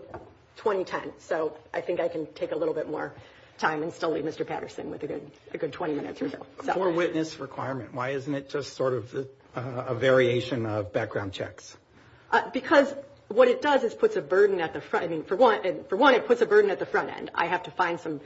20 minutes, so I think I can take a little bit more time and still leave Mr. Patterson with a good 20 minutes or so. For witness requirement, why isn't it just sort of a variation of background checks? Because what it does is puts a burden at the front. I mean, for one, it puts a burden at the front end. I have to find some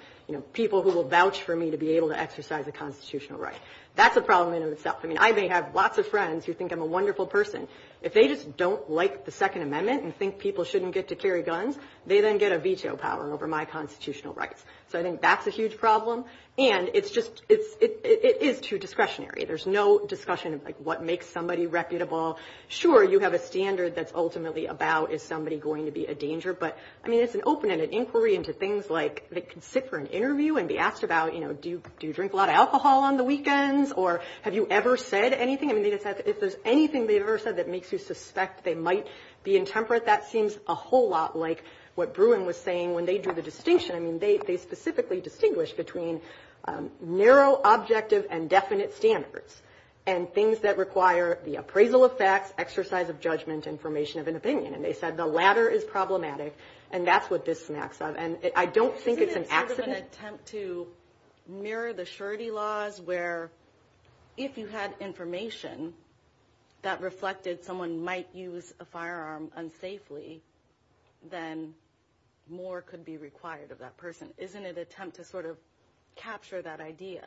people who will vouch for me to be able to exercise a constitutional right. That's a problem in and of itself. I mean, I may have lots of friends who think I'm a wonderful person. If they just don't like the Second Amendment and think people shouldn't get to carry guns, they then get a veto power over my constitutional rights. So I think that's a huge problem, and it's just, it is too discretionary. There's no discussion of what makes somebody reputable. Sure, you have a standard that's ultimately about, is somebody going to be a danger? But I mean, it's an open-ended inquiry into things like, they could sit for an interview and be asked about, you know, do you drink a lot of alcohol on the weekends? Or have you ever said anything? I mean, if there's anything that you've ever said that makes you suspect they might be intemperate, that seems a whole lot like what Bruin was saying when they drew the distinction. I mean, they specifically distinguished between narrow, objective, and definite standards, and things that require the appraisal of facts, exercise of information of an opinion. And they said the latter is problematic, and that's what this snags up. And I don't think it's an accident. Isn't it sort of an attempt to mirror the surety laws, where if you had information that reflected someone might use a firearm unsafely, then more could be required of that person? Isn't it an attempt to sort of capture that idea?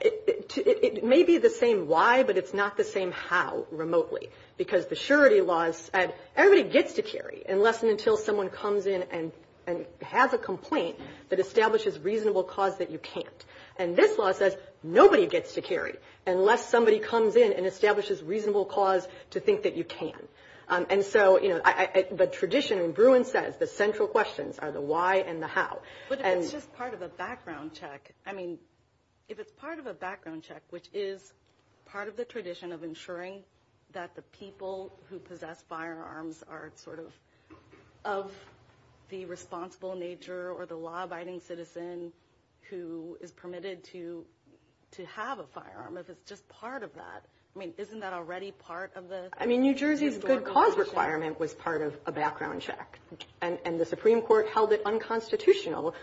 It may be the same why, but it's not the same how, remotely. Because the surety laws said, everybody gets to carry, unless and until someone comes in and has a complaint that establishes reasonable cause that you can't. And this law says, nobody gets to carry, unless somebody comes in and establishes reasonable cause to think that you can. And so, you know, the tradition, and Bruin says, the central questions are the why and the how. But it's just part of the background check. I mean, if it's part of a background check, which is part of the tradition of ensuring that the people who possess firearms are sort of of the responsible nature or the law-abiding citizen who is permitted to have a firearm, as it's just part of that. I mean, isn't that already part of the – I mean, New Jersey's good cause requirement was part of a background check. And the Supreme Court held it unconstitutional,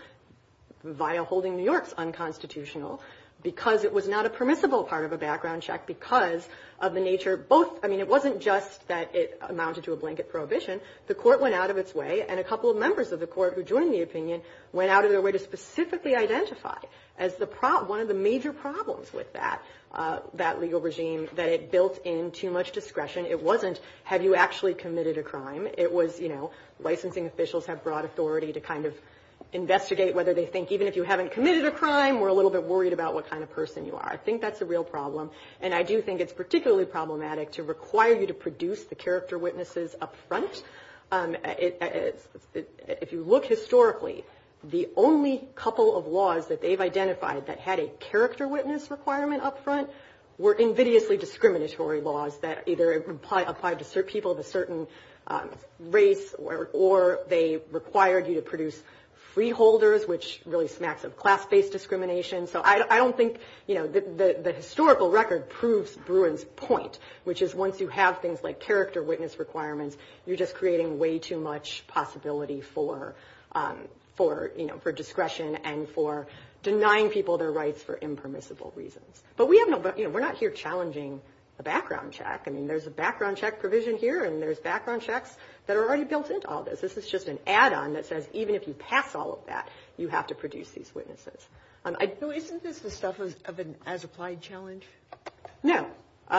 via holding New York unconstitutional, because it was not a permissible part of a background check because of the nature of both – I mean, it wasn't just that it amounted to a blanket prohibition. The court went out of its way, and a couple of members of the court who joined the opinion went out of their way to specifically identify as one of the major problems with that legal regime, that it built in too much discretion. It wasn't, have you actually committed a crime? It was, you know, licensing officials have broad authority to kind of investigate whether they think even if you haven't committed a crime, we're a little bit worried about what kind of person you are. I think that's a real problem. And I do think it's particularly problematic to require you to produce the character witnesses up front. If you look historically, the only couple of laws that they've identified that had a character witness requirement up front were invidiously discriminatory laws that either applied to people of a certain race, or they required you to produce freeholders, which really smacks of class-based discrimination. So I don't think, you know, the historical record proves Bruin's point, which is once you have things like character witness requirements, you're just creating way much possibility for, you know, for discretion and for denying people their rights for impermissible reasons. But we have no, you know, we're not here challenging a background check. I mean, there's a background check provision here, and there's background checks that are already built into all this. This is just an add-on that says even if you pass all of that, you have to produce these witnesses. So isn't this the stuff of an as-applied challenge? No,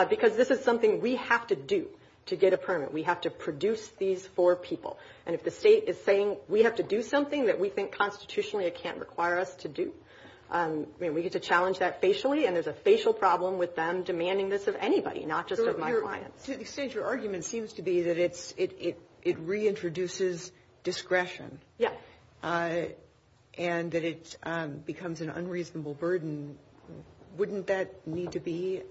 because this is we have to do to get a permit. We have to produce these four people. And if the state is saying we have to do something that we think constitutionally it can't require us to do, I mean, we get to challenge that facially, and there's a facial problem with them demanding this of anybody, not just of my clients. So your argument seems to be that it reintroduces discretion. Yes. And that it becomes an unreasonable burden. Wouldn't that need to be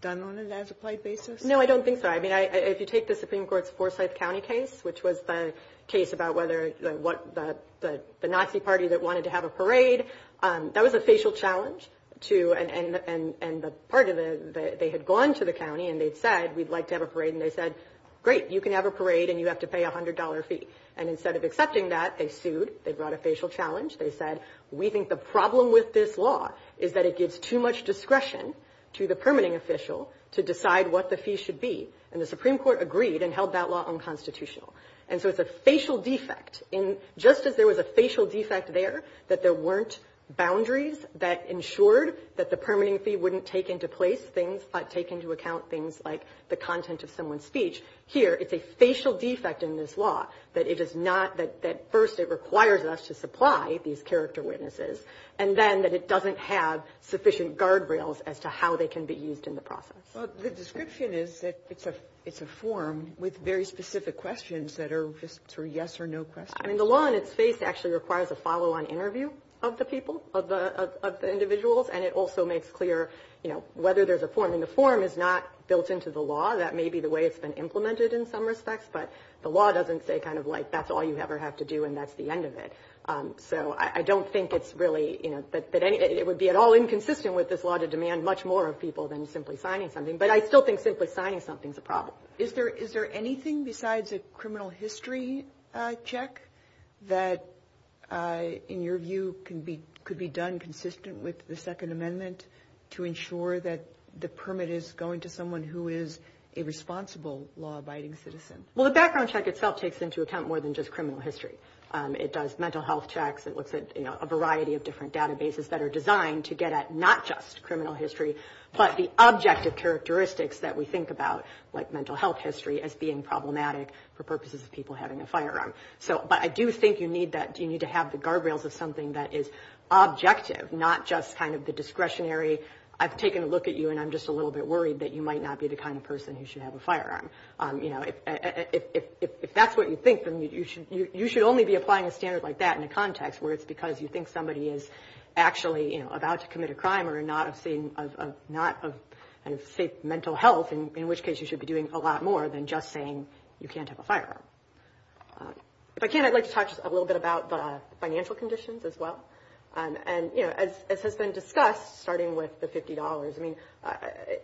done on an as-applied basis? No, I don't think so. I mean, if you take the Supreme Court's Forsyth County case, which was the case about whether the Nazi party that wanted to have a parade, that was a facial challenge to, and the part of the, they had gone to the county and they'd said, we'd like to have a parade. And they said, great, you can have a parade and you have to pay $100 fee. And instead of accepting that, they sued. They brought a facial challenge. They said, we think the problem with this law is that it gives too much discretion to the permitting official to decide what the fee should be. And the Supreme Court agreed and held that law unconstitutional. And so it's a facial defect in, just as there was a facial defect there, that there weren't boundaries that ensured that the permitting fee wouldn't take into place things, but take into account things like the content of someone's speech. Here, it's a facial defect in this law that it is not, that first, it requires us to supply these character witnesses, and then that it doesn't have sufficient guardrails as to how they can be used in the process. Well, the description is that it's a form with very specific questions that are just for yes or no questions. I mean, the law in its face actually requires a follow-on interview of the people, of the individuals. And it also makes clear, you know, whether there's a form and the form is not built into the law. That may be the way it's been implemented in some respects, but the law doesn't say kind of like, that's all you ever have to do and that's the end of it. So I don't think it's really, you know, that it would be at all inconsistent with this law to demand much more of people than simply signing something. But I still think simply signing something is a problem. Is there anything besides a criminal history check that, in your view, could be done consistent with the Second Amendment to ensure that the permit is going to someone who is a responsible law-abiding citizen? Well, the background check itself takes into account more than just criminal history. It does mental health checks. It looks at, you know, a variety of different databases that are designed to get at not just criminal history, but the objective characteristics that we think about, like mental health history, as being problematic for purposes of people having a firearm. So, but I do think you need that, you need to have the guardrails of something that is objective, not just kind of the discretionary, I've taken a look at you and I'm just a little bit worried that you might not be the kind of person who should have a firearm. You know, if that's what you think, then you should only be applying a standard like that in a context where it's because you think somebody is actually, you know, about to commit a crime or not of safe mental health, in which case you should be doing a lot more than just saying you can't have a firearm. If I can, I'd like to talk a little bit about the financial conditions as well. And, you know, as has been discussed, starting with the $50, I mean,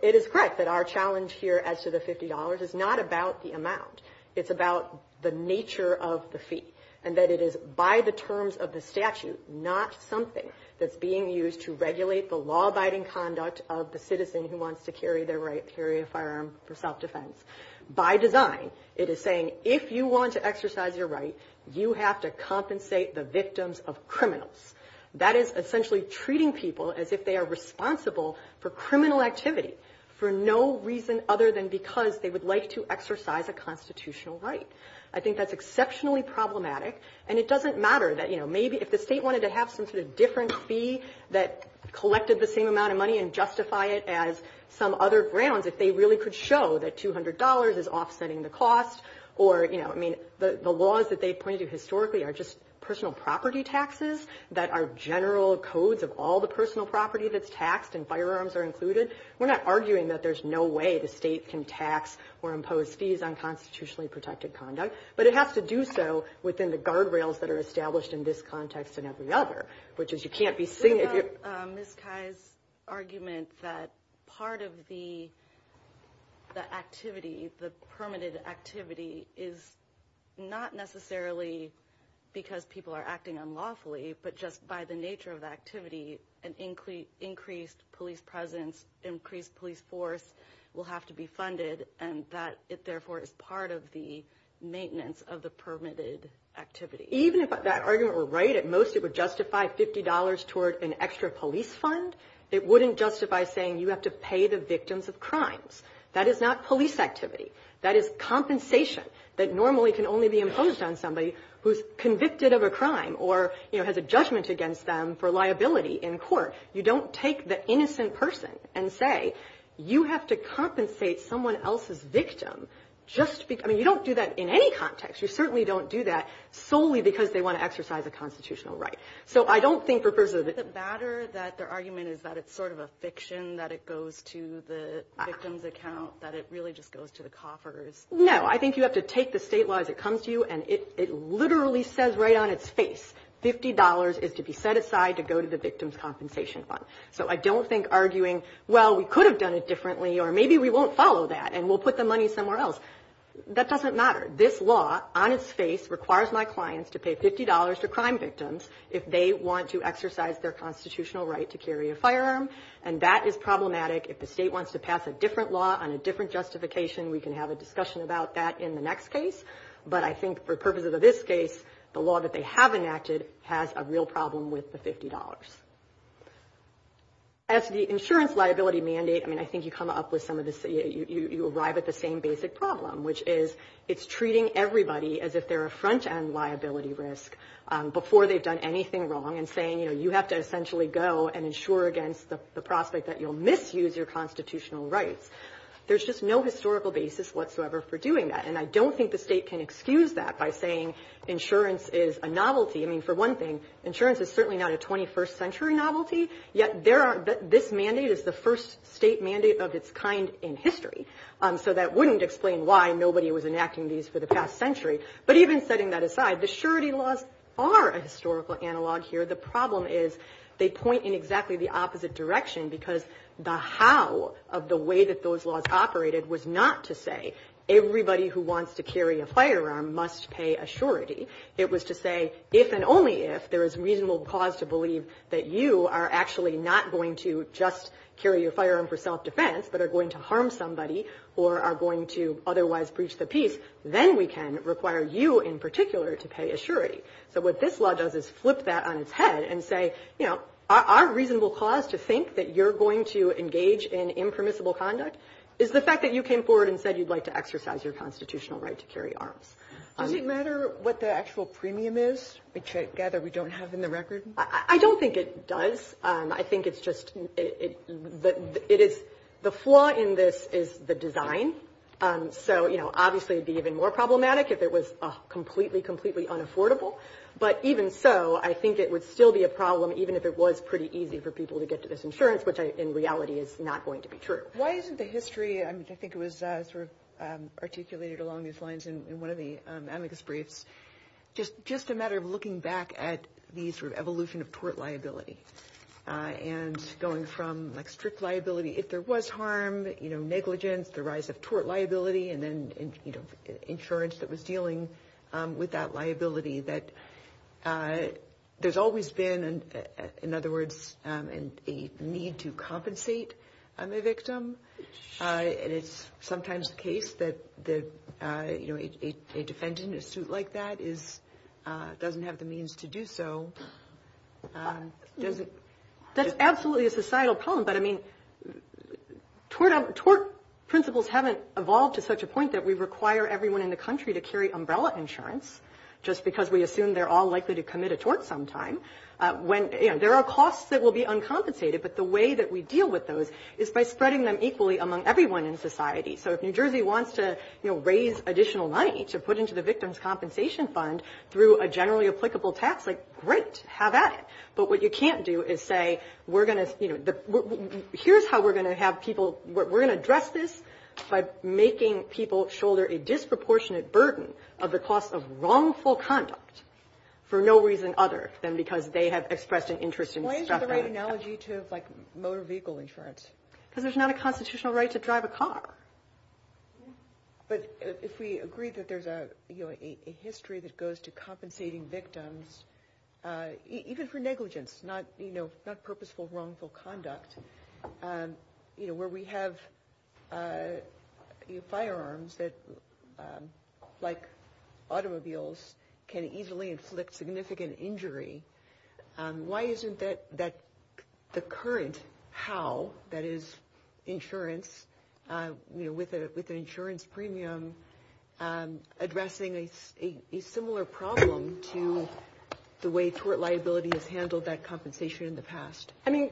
it is correct that our challenge here is not about the amount, it's about the nature of the fee, and that it is by the terms of the statute, not something that's being used to regulate the law-abiding conduct of the citizen who wants to carry their right to carry a firearm for self-defense. By design, it is saying if you want to exercise your right, you have to compensate the victims of criminals. That is essentially treating people as if they are responsible for criminal activities for no reason other than because they would like to exercise a constitutional right. I think that's exceptionally problematic, and it doesn't matter that, you know, maybe if the state wanted to have some sort of different fee that collected the same amount of money and justify it as some other grounds, if they really could show that $200 is offsetting the cost or, you know, I mean, the laws that they point to are just personal property taxes that are general codes of all the personal property that's taxed, and firearms are included. We're not arguing that there's no way the state can tax or impose fees on constitutionally protected conduct, but it has to do so within the guardrails that are established in this context and every other, which is you can't be saying... Ms. Kai's argument that part of the activity, the permitted activity, is not necessarily because people are acting unlawfully, but just by the nature of the activity, an increased police presence, increased police force will have to be funded, and that it therefore is part of the maintenance of the permitted activity. Even if that argument were right, at most it would justify $50 toward an extra police fund. It wouldn't justify saying you have to pay the victims of crimes. That is not police activity. That is compensation that normally can only be imposed on somebody who's convicted of a crime or, you know, has a judgment against them for liability in court. You don't take the innocent person and say you have to compensate someone else's victim just because... I mean, you don't do that in any context. You certainly don't do that solely because they want to exercise a constitutional right. So I don't think for... Is it badder that their argument is that it's sort of a fiction, that it goes to the victim's account, that it really just goes to the coffers? No. I think you have to take the state law as it comes to you, and it literally says right on its face $50 is to be set aside to go to the victim's compensation fund. So I don't think arguing, well, we could have done it differently or maybe we won't follow that and we'll put the money somewhere else. That doesn't matter. This law, on its face, requires my clients to pay $50 to crime victims if they want to exercise their constitutional right to carry a firearm, and that is problematic. If the state wants to pass a different law on a different justification, we can have a discussion about that in the next case. But I think for purposes of this case, the law that they have enacted has a real problem with the $50. As the insurance liability mandate, I think you arrive at the same basic problem, which is it's treating everybody as if they're a front-end liability risk before they've done anything wrong and saying you have to essentially go and insure against the prospect that you'll misuse your constitutional rights. There's just no historical basis whatsoever for doing that, and I don't think the state can excuse that by saying insurance is a novelty. For one thing, insurance is certainly not a 21st century novelty, yet this mandate is the first state mandate of its kind in history, so that wouldn't explain why nobody was enacting these for the past century. But even setting that aside, the surety laws are a historical analog here. The problem is they point in exactly the opposite direction because the how of the way that those laws operated was not to say everybody who wants to carry a firearm must pay a surety. It was to say if and only if there is reasonable cause to that you are actually not going to just carry a firearm for self-defense but are going to harm somebody or are going to otherwise breach the peace, then we can require you in particular to pay a surety. But what this law does is flip that on its head and say our reasonable cause to think that you're going to engage in impermissible conduct is the fact that you came forward and said you'd like to exercise your constitutional right to carry arms. Does it matter what the premium is which I gather we don't have in the record? I don't think it does. The flaw in this is the design, so obviously it would be even more problematic if it was completely, completely unaffordable. But even so, I think it would still be a problem even if it was pretty easy for people to get to this insurance, which in reality is not going to be true. Why isn't the history, I think it was sort of articulated along these lines in one of the amicus briefs, just a matter of looking back at the evolution of tort liability and going from strict liability if there was harm, negligence, the rise of tort liability, and then insurance that was dealing with that liability that there's always been, in other words, a need to compensate a victim. And it's sometimes the case that a defendant in a suit like that doesn't have the means to do so. That's absolutely a societal problem, but I mean, tort principles haven't evolved to such a point that we require everyone in the country to carry umbrella insurance just because we assume they're all likely to commit a tort sometime. There are costs that will be uncompensated, but the way we deal with those is by spreading them equally among everyone in society. So if New Jersey wants to raise additional money to put into the victim's compensation fund through a generally applicable tax, great, have at it. But what you can't do is say, here's how we're going to address this by making people shoulder a disproportionate burden of the cost of wrongful conduct for no reason other than because they have expressed an interest in- Why is the right analogy to motor vehicle insurance? Because there's not a constitutional right to drive a car. But if we agree that there's a history that goes to compensating victims, even for negligence, not purposeful wrongful conduct, where we have firearms that, like automobiles, can easily inflict significant injury, why isn't that the current how, that is, insurance, you know, with an insurance premium addressing a similar problem to the way tort liability has handled that compensation in the past? I mean,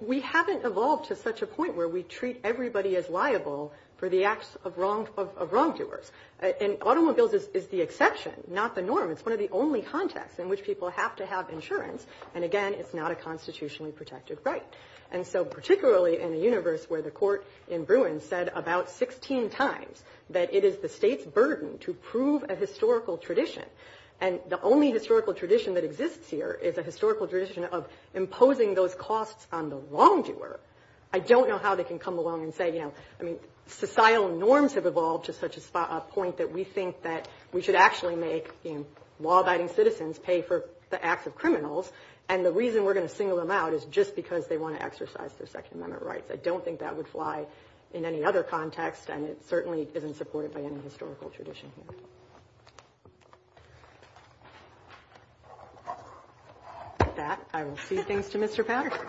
we haven't evolved to such a point where we treat everybody as liable for the acts of wrongdoers. And automobiles is the exception, not the norm. It's one of the only contexts in which people have to have insurance. And again, it's not a constitutionally protected right. And so, particularly in a universe where the court in Bruin said about 16 times that it is the state's burden to prove a historical tradition. And the only historical tradition that exists here is a historical tradition of imposing those costs on the wrongdoer. I don't know how they can come along and say, you know, I mean, societal norms have evolved to such a point that we think that we should actually make law-abiding citizens pay for the acts of criminals. And the reason we're going to single them out is just because they want to exercise their Second Amendment rights. I don't think that would fly in any other context. And it certainly isn't supported by any historical tradition. With that, I will see things to Mr. Patterson.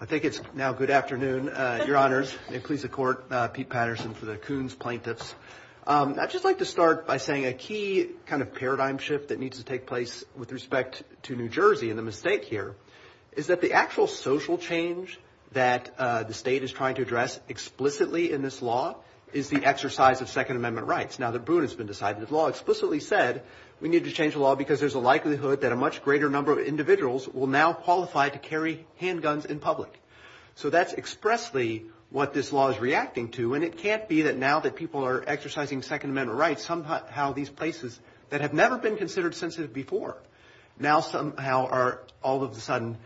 I think it's now good afternoon, Your Honors, and please accord Pete Patterson to the Coons plaintiffs. I'd just like to start by saying a key kind of paradigm shift that needs to take place with respect to New Jersey and the mistake here is that the actual social change that the state is trying to address explicitly in this law is the exercise of Second Amendment rights. Now that Bruin has been decided, the law explicitly said we need to change the law because there's a likelihood that a much greater number of individuals will now qualify to carry handguns in public. So that's expressly what this law is reacting to. And it can't be that now that people are exercising Second Amendment rights, somehow these places that have never been considered sensitive before now somehow are all of a And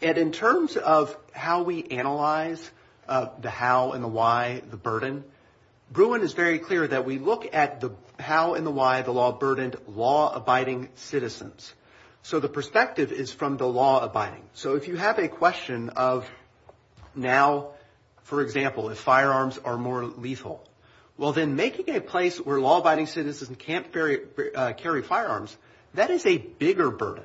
in terms of how we analyze the how and the why, the burden, Bruin is very clear that we look at the how and the why the law burdened law-abiding citizens. So the perspective is from the law abiding. So if you have a question of now, for example, if firearms are more lethal, well then making a place where law-abiding citizens can't carry firearms, that is a bigger burden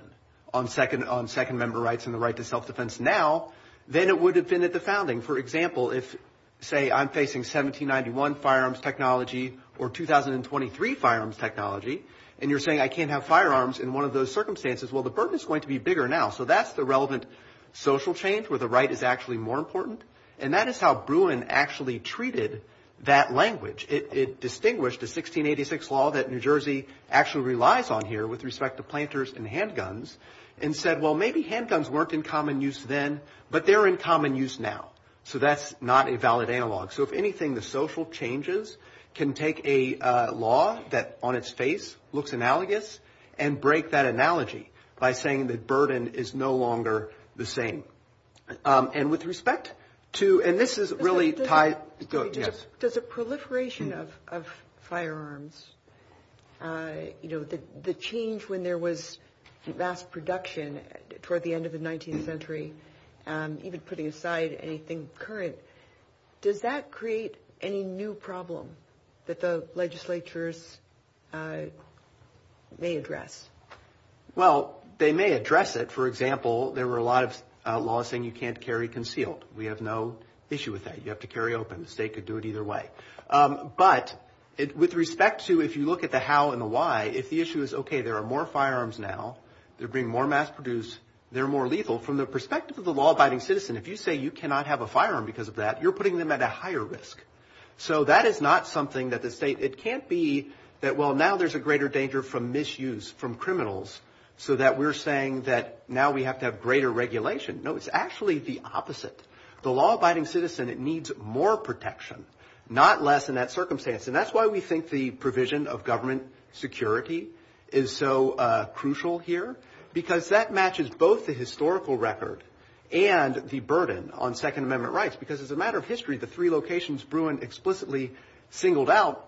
on Second Amendment rights and the right to self-defense now than it would have been at the founding. For example, if say I'm facing 1791 firearms technology or 2023 firearms technology and you're saying I can't have firearms in one of those circumstances, well the burden is going to be bigger now. So that's the relevant social change where the right is actually more important. And that is how Bruin actually treated that language. It distinguished the 1686 law that New Jersey actually relies on here with respect to planters and handguns and said, well maybe handguns weren't in common use then, but they're in common use now. So that's not a valid analog. So if anything, the social changes can take a law that on its face looks analogous and break that analogy by saying the burden is no longer the same. And with respect to, and this is really tied. Does a proliferation of firearms, the change when there was mass production toward the end of the 19th century, even putting aside anything current, does that create any new problem that the legislatures may address? Well, they may address it. For example, there were a lot of laws saying you can't carry concealed. We have no issue with that. You have to carry open. The state could do it either way. But with respect to if you look at the how and the why, if the issue is okay, there are more firearms now, they're being more mass produced, they're more legal. From the perspective of the law-abiding citizen, if you say you cannot have a firearm because of that, you're putting them at a higher risk. So that is not something that the state, it can't be that well now there's a greater danger from misuse, from criminals, so that we're saying that now we have to have greater regulation. No, it's actually the opposite. The law-abiding citizen, it needs more protection, not less in that circumstance. And that's why we think the provision of government security is so crucial here, because that matches both the historical record and the burden on Second Amendment rights. Because as a matter of history, the three locations Bruin explicitly singled out,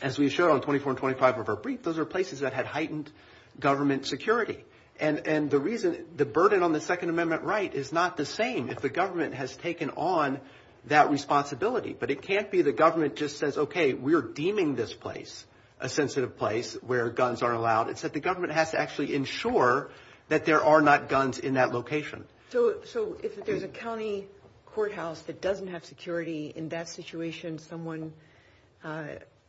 as we showed on 24 and 25 of our brief, those are places that had heightened government security. And the reason, the burden on the Second Amendment right is not the same if the government has taken on that responsibility. But it can't be the government just says, okay, we're deeming this place a sensitive place where guns are allowed. It's that the government has to actually ensure that there are not guns in that location. So if there's a county courthouse that doesn't have security, in that situation, someone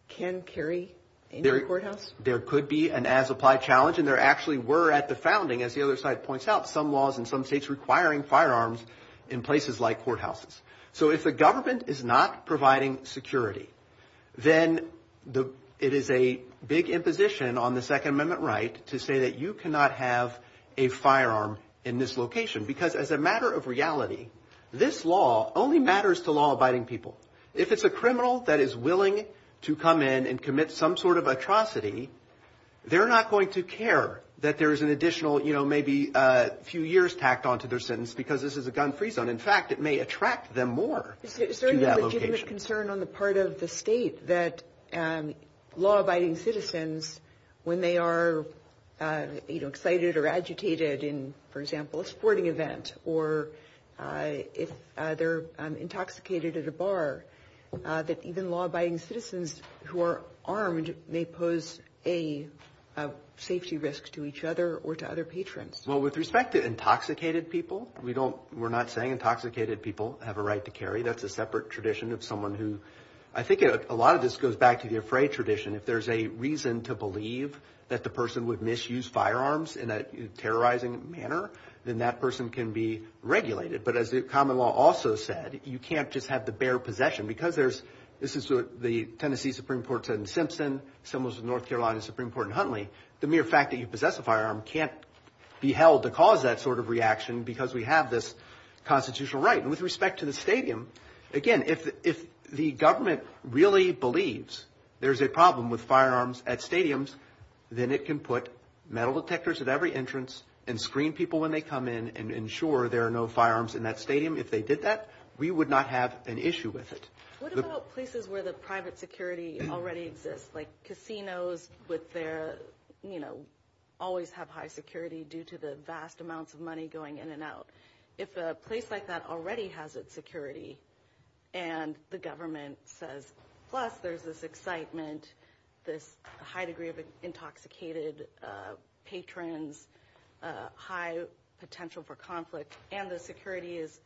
can carry a courthouse? There could be an as-applied challenge. And there actually were at the founding, as the other side points out, some laws in some states requiring firearms in places like courthouses. So if the government is not providing security, then it is a big imposition on the Second Amendment right to say that you cannot have a firearm in this location. Because as a matter of reality, this law only matters to law-abiding people. If it's a criminal that is willing to come in and commit some sort of atrocity, they're not going to care that there's an additional, you know, maybe a few years tacked onto their sentence because this is a gun-free zone. In fact, it may attract them more to that location. Do you have concern on the part of the state that law-abiding citizens, when they are excited or agitated in, for example, a sporting event, or if they're intoxicated at a bar, that even law-abiding citizens who are armed may pose a safety risk to each other or to other patrons? Well, with respect to intoxicated people, we don't – we're not saying intoxicated people have a right to carry. That's a separate tradition of someone who – I think a lot of this goes back to the afraid tradition. If there's a reason to believe that the person would misuse firearms in a terrorizing manner, then that person can be regulated. But as the common law also said, you can't just have the bare possession. Because there's – this is the Tennessee Supreme Court said in Simpson, similar to the North Carolina Supreme Court in Huntley, the mere fact that you possess a firearm can't be held to cause that sort of reaction because we have this constitutional right. With respect to the stadium, again, if the government really believes there's a problem with firearms at stadiums, then it can put metal detectors at every entrance and screen people when they come in and ensure there are no firearms in that stadium. If they did that, we would not have an issue with it. What about places where the private security already exists, like casinos with their – always have high security due to the vast amounts of money going in and out? If a place like that already has its security and the government says, plus there's this excitement, there's a high degree of intoxicated patrons, high potential for conflict, and the security is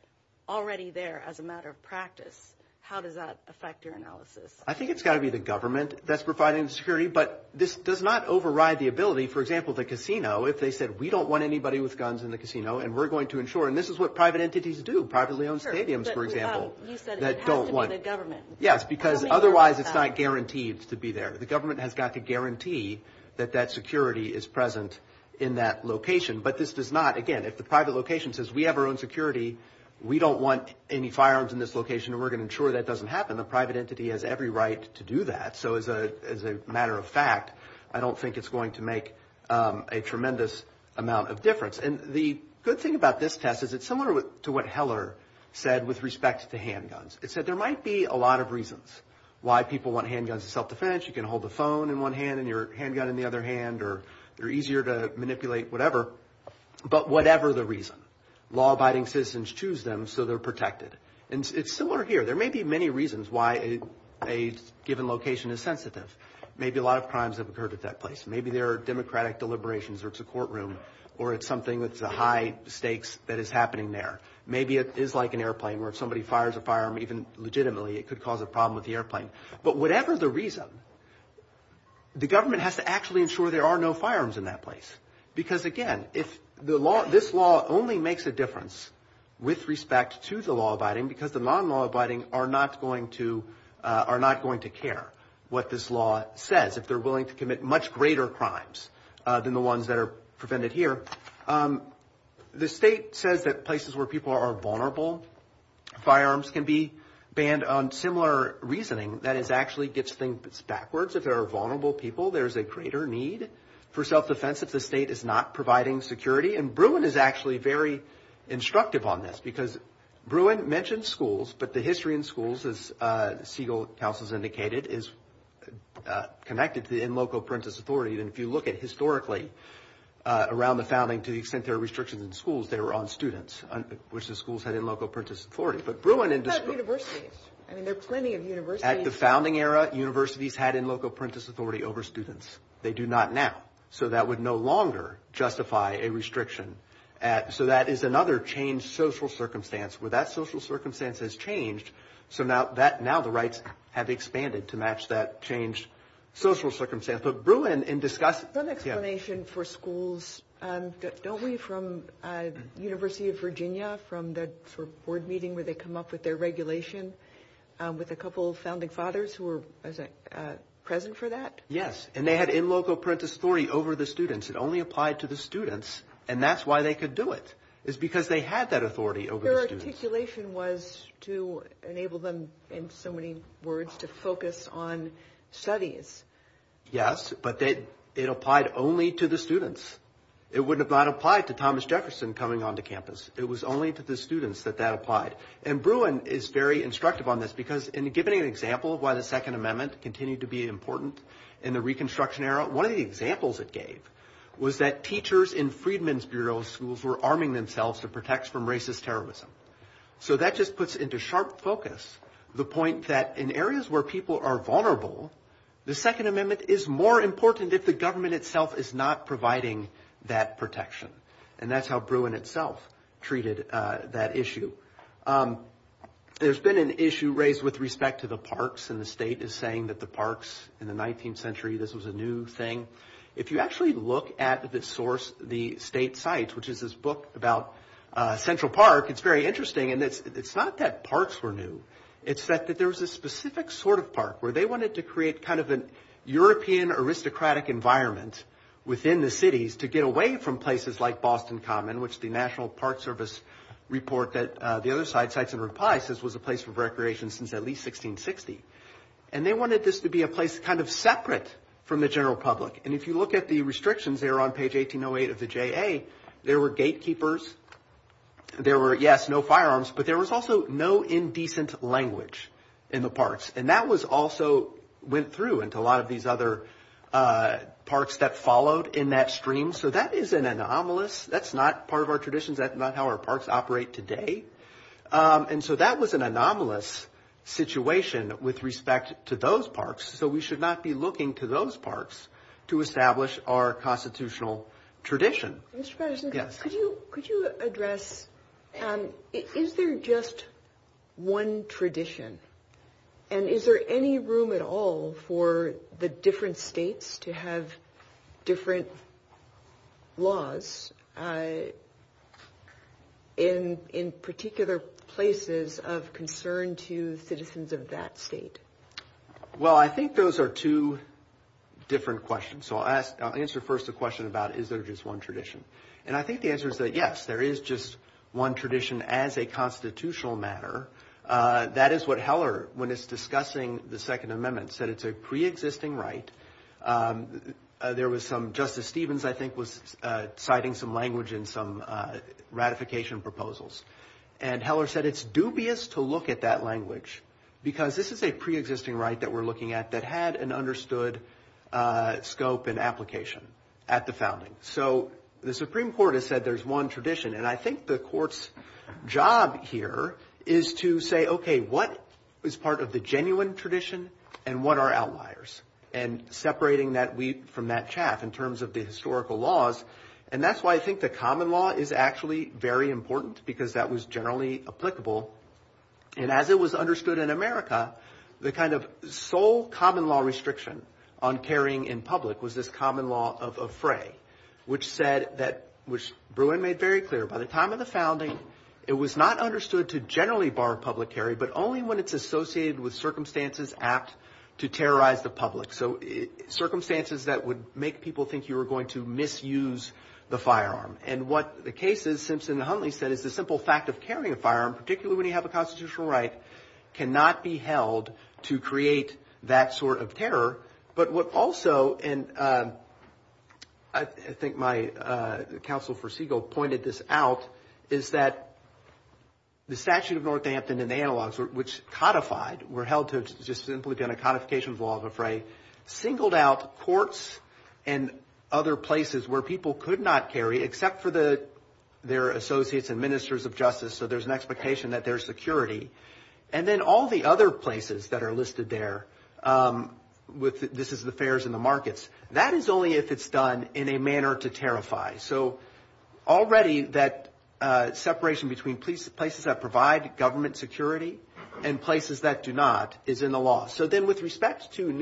already there as a matter of practice, how does that affect your analysis? I think it's got to be the government that's providing the security. But this does not override the ability – for example, the casino, if they said we don't want anybody with guns in the casino and we're going to ensure – and this is what private entities do, privately-owned stadiums, for example, that don't want – You said it has to be the government. Yes, because otherwise it's not guaranteed to be there. The government has got to guarantee that that security is present in that location. But this does not – again, if the private location says we have our own security, we don't want any firearms in this location and we're going to ensure that doesn't happen, the private entity has every right to do that. So as a matter of fact, I don't think it's going to make a tremendous amount of difference. And the good thing about this test is it's similar to what Heller said with respect to handguns. It said there might be a lot of reasons why people want handguns as self-defense. You can hold the phone in one hand and your handgun in the other hand, or they're easier to manipulate, whatever, but whatever the reason, law-abiding citizens choose them so they're protected. And it's similar here. There may be many reasons why a given location is sensitive. Maybe a lot of crimes have occurred at that place. Maybe there are democratic deliberations or it's a courtroom or it's something that's a high stakes that is happening there. Maybe it is like an airplane where if somebody fires a firearm, even legitimately, it could cause a problem with the airplane. But whatever the reason, the government has to actually ensure there are no firearms in that place. Because again, it's – the law – this law only makes a difference with respect to the law-abiding because the non-law-abiding are not going to – are not going to care what this law says if they're willing to commit much greater crimes than the ones that are prevented here. The state says that places where people are vulnerable, firearms can be banned on similar reasoning. That is actually gets things backwards. If there are vulnerable people, there's a greater need for self-defense if the state is not providing security. And Bruin is actually very instructive on this because Bruin mentions schools, but the history in schools, Segal Council has indicated, is connected to the in loco parenthesis authority. And if you look at historically around the founding to the extent there are restrictions in schools, they were on students, which the schools had in loco parenthesis authority. But Bruin – It's not universities. I mean, there are plenty of universities. At the founding era, universities had in loco parenthesis authority over students. They do not now. So that would no longer justify a restriction. So that is another changed social circumstance where that social circumstance has changed. So now the rights have expanded to match that changed social circumstance. But Bruin in discussing – One explanation for schools. Don't we from University of Virginia from the board meeting where they come up with their regulation with a couple of founding fathers who were present for that? Yes. And they had in loco parenthesis authority over the students. It only applied to the students, and that's why they could do it. It's because they had that authority over the students. Their articulation was to enable them, in so many words, to focus on studies. Yes, but it applied only to the students. It would have not applied to Thomas Jefferson coming onto campus. It was only to the students that that applied. And Bruin is very instructive on this because in giving an example of why the Second Amendment continued to be important in the reconstruction era, one of the examples it gave was that teachers in Friedman's Bureau schools were arming themselves to protect from racist terrorism. So that just puts into sharp focus the point that in areas where people are vulnerable, the Second Amendment is more important if the government itself is not providing that protection. And that's how Bruin itself treated that issue. There's been an issue raised with respect to the parks, and the state is saying that the parks in the 19th century, this was a new thing. If you actually look at the source, the state sites, which is this book about Central Park, it's very interesting. And it's not that parks were new. It's that there's a specific sort of park where they wanted to create kind of an European aristocratic environment within the cities to get away from places like Boston Common, which the National Park Service report that the other sites in reply says was a place for recreation since at least 1660. And they wanted this to be a place kind of separate from the J.A. There were gatekeepers. There were, yes, no firearms, but there was also no indecent language in the parks. And that was also went through into a lot of these other parks that followed in that stream. So that is an anomalous. That's not part of our traditions. That's not how our parks operate today. And so that was an anomalous situation with respect to those parks. So we should not be looking to those parks to establish our constitutional tradition. Could you address, is there just one tradition and is there any room at all for the different states to have different laws in particular places of concern to citizens of that state? Well, I think those are two different questions. So I'll answer first the question about is there just one tradition? And I think the answer is that yes, there is just one tradition as a constitutional matter. That is what Heller, when it's discussing the Second Amendment, said it's a pre-existing right. There was some Justice Stevens, I think, was citing some language in some ratification proposals. And Heller said it's dubious to look at that language because this is a pre-existing right that we're looking at that had an understood scope and application at the founding. So the Supreme Court has said there's one tradition. And I think the court's job here is to say, okay, what is part of the genuine tradition and what are outliers? And separating that from that chat in terms of the historical laws. And that's why I think the common law is actually very important because that was generally applicable. And as it was understood in America, the kind of sole common law restriction on carrying in public was this common law of fray, which said that, which Bruin made very clear by the time of the founding, it was not understood to generally bar public carry, but only when it's associated with circumstances apt to terrorize the public. So circumstances that would make people think you were going to misuse the firearm. And what the case is, Simpson and Huntley said, it's a simple fact of carrying a firearm, particularly when you have a constitutional right, cannot be held to create that sort of terror. But what also, and I think my counsel for Siegel pointed this out, is that the statute of Northampton and analogs, which codified, were held to just simply been a codification of law of a fray, singled out courts and other places where people could not carry, except for their associates and ministers of justice, so there's an expectation that there's security. And then all the other places that are listed there, this is the fairs and the markets, that is only if it's done in a manner to terrify. So already that separation between places that provide government security and places that do not is in the law. So then with a particular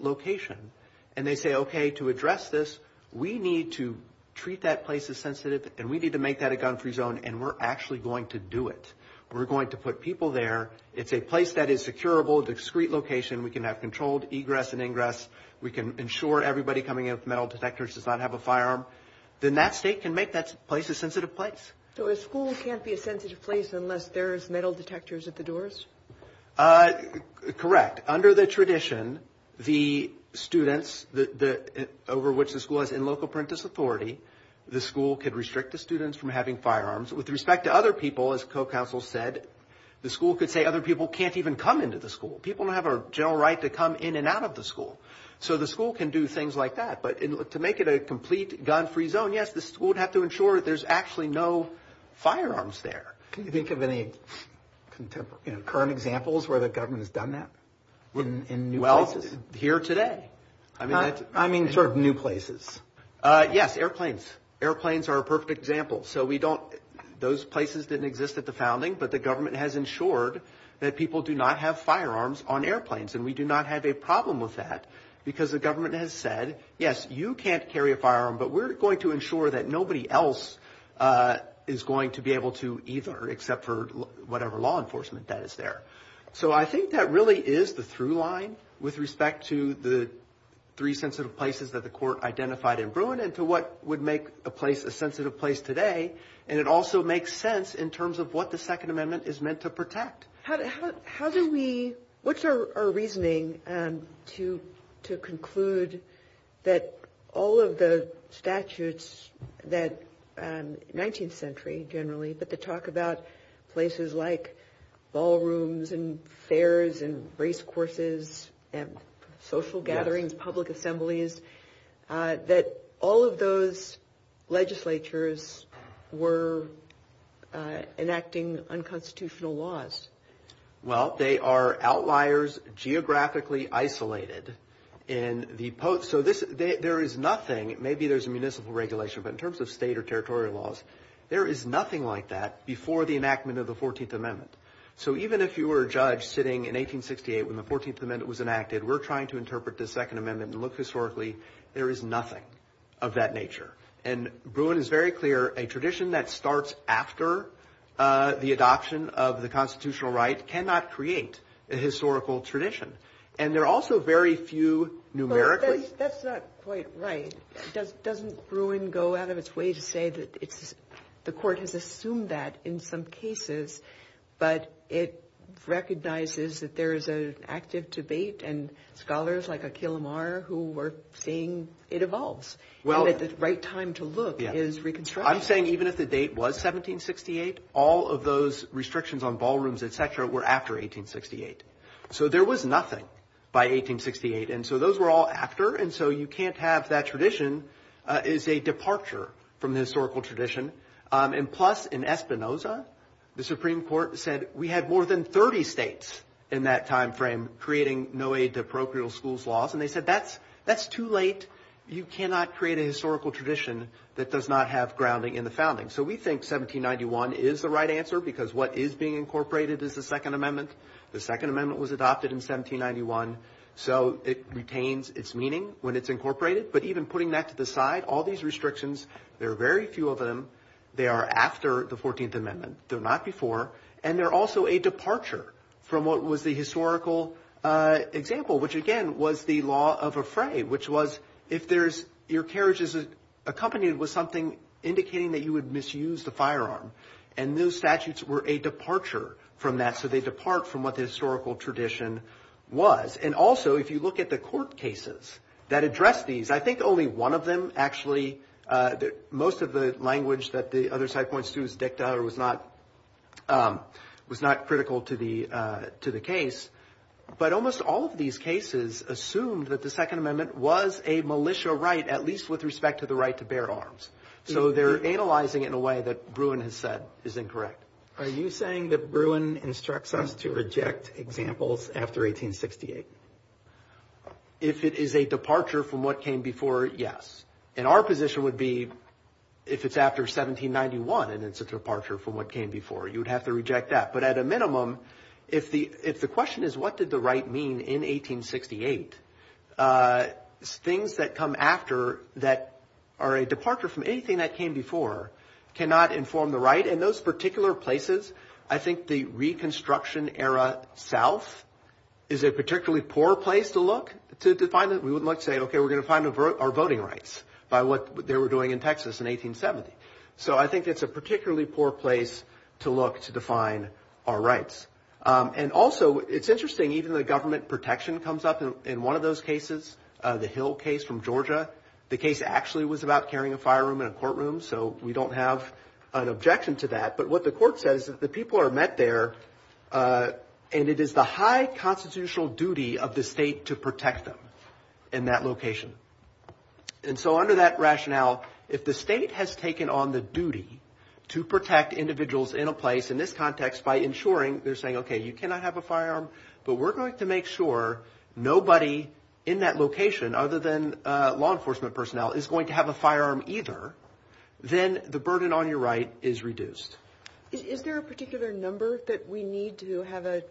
location, and they say, okay, to address this, we need to treat that place as sensitive, and we need to make that a gun-free zone, and we're actually going to do it. We're going to put people there. It's a place that is securable, a discreet location. We can have controlled egress and ingress. We can ensure everybody coming in with metal detectors does not have a firearm. Then that state can make that place a sensitive place. So a school can't be a sensitive place unless there is metal detectors at the doors? Correct. Under the tradition, the students over which the school is in local parentage authority, the school could restrict the students from having firearms. With respect to other people, as co-counsel said, the school could say other people can't even come into the school. People don't have a general right to come in and out of the school. So the school can do things like that. But to make it a complete gun-free zone, yes, the school would have to ensure that there's actually no firearms there. Can you think of any current examples where the government has done that in new places? Here today. I mean sort of new places. Yes, airplanes. Airplanes are a perfect example. Those places didn't exist at the founding, but the government has ensured that people do not have firearms on airplanes, and we do not have a problem with that because the government has said, yes, you can't carry a firearm, but we're going to ensure that nobody else is going to be able to either, except for whatever law enforcement that is there. So I think that really is the through line with respect to the three sensitive places that the court identified in Bruin and to what would make a place a sensitive place today, and it also makes sense in terms of what the Second Amendment is meant to protect. What's your reasoning to conclude that all of the statutes that 19th century generally, but the talk about places like ballrooms and fairs and race courses and social gatherings, public assemblies, that all of those legislatures were enacting unconstitutional laws? Well, they are outliers geographically isolated. So there is nothing, maybe there's a municipal regulation, but in terms of state or territorial laws, there is nothing like that before the enactment of the 14th Amendment. So even if you were a judge sitting in 1868 when the 14th Amendment was enacted, we're trying to interpret the Second Amendment and look historically, there is nothing of that nature. And Bruin is very clear, a tradition that starts after the adoption of constitutional right cannot create a historical tradition. And there are also very few numerically. That's not quite right. Doesn't Bruin go out of its way to say that the court has assumed that in some cases, but it recognizes that there is an active debate and scholars like Aquil Amar who were saying it evolves. Well, it's the right time to look at is reconstruction. I'm saying even if the date was 1768, all of those restrictions on ballrooms, et cetera, were after 1868. So there was nothing by 1868. And so those were all after. And so you can't have that tradition is a departure from the historical tradition. And plus in Espinoza, the Supreme Court said we had more than 30 states in that timeframe, creating no aid to parochial schools laws. And they said, that's too late. You cannot create a historical tradition that does not have grounding in the founding. So we think 1791 is the right answer because what is being incorporated is the second amendment. The second amendment was adopted in 1791. So it retains its meaning when it's incorporated, but even putting that to the side, all these restrictions, there are very few of them. They are after the 14th amendment. They're not before. And they're also a departure from what was the historical example, which again was the law of fray, which was if your carriage is accompanied with something indicating that you would misuse the firearm, and those statutes were a departure from that. So they depart from what the historical tradition was. And also if you look at the court cases that address these, I think only one of them actually, most of the language that the other side points to was dicta, was not critical to the case. But almost all of these cases assumed that the second amendment was a militia right, at least with respect to the right to bear arms. So they're analyzing it in a way that Bruin has said is incorrect. Are you saying that Bruin instructs us to reject examples after 1868? If it is a departure from what came before, yes. And our position would be if it's after 1791 and it's a departure from what came before, you would have to reject that. But at a minimum, if the question is what did the right mean in 1868, things that come after that are a departure from anything that came before cannot inform the right. And those particular places, I think the Reconstruction era South is a particularly poor place to look to define it. We would say, okay, we're going to find our voting rights by what they were doing in Texas in 1870. So I think it's a particularly poor place to look to define our rights. And also, it's interesting, even the government protection comes up in one of those cases, the Hill case from Georgia. The case actually was about carrying a firearm in a courtroom, so we don't have an objection to that. But what the court says is that the people are met there and it is the high constitutional duty of the state to protect them in that location. And so under that rationale, if the state has taken on the duty to protect individuals in a place, in this context, by ensuring they're saying, okay, you cannot have a firearm, but we're going to make sure nobody in that location other than law enforcement personnel is going to have a firearm either, then the burden on your right is reduced. Is there a particular number that we need to have a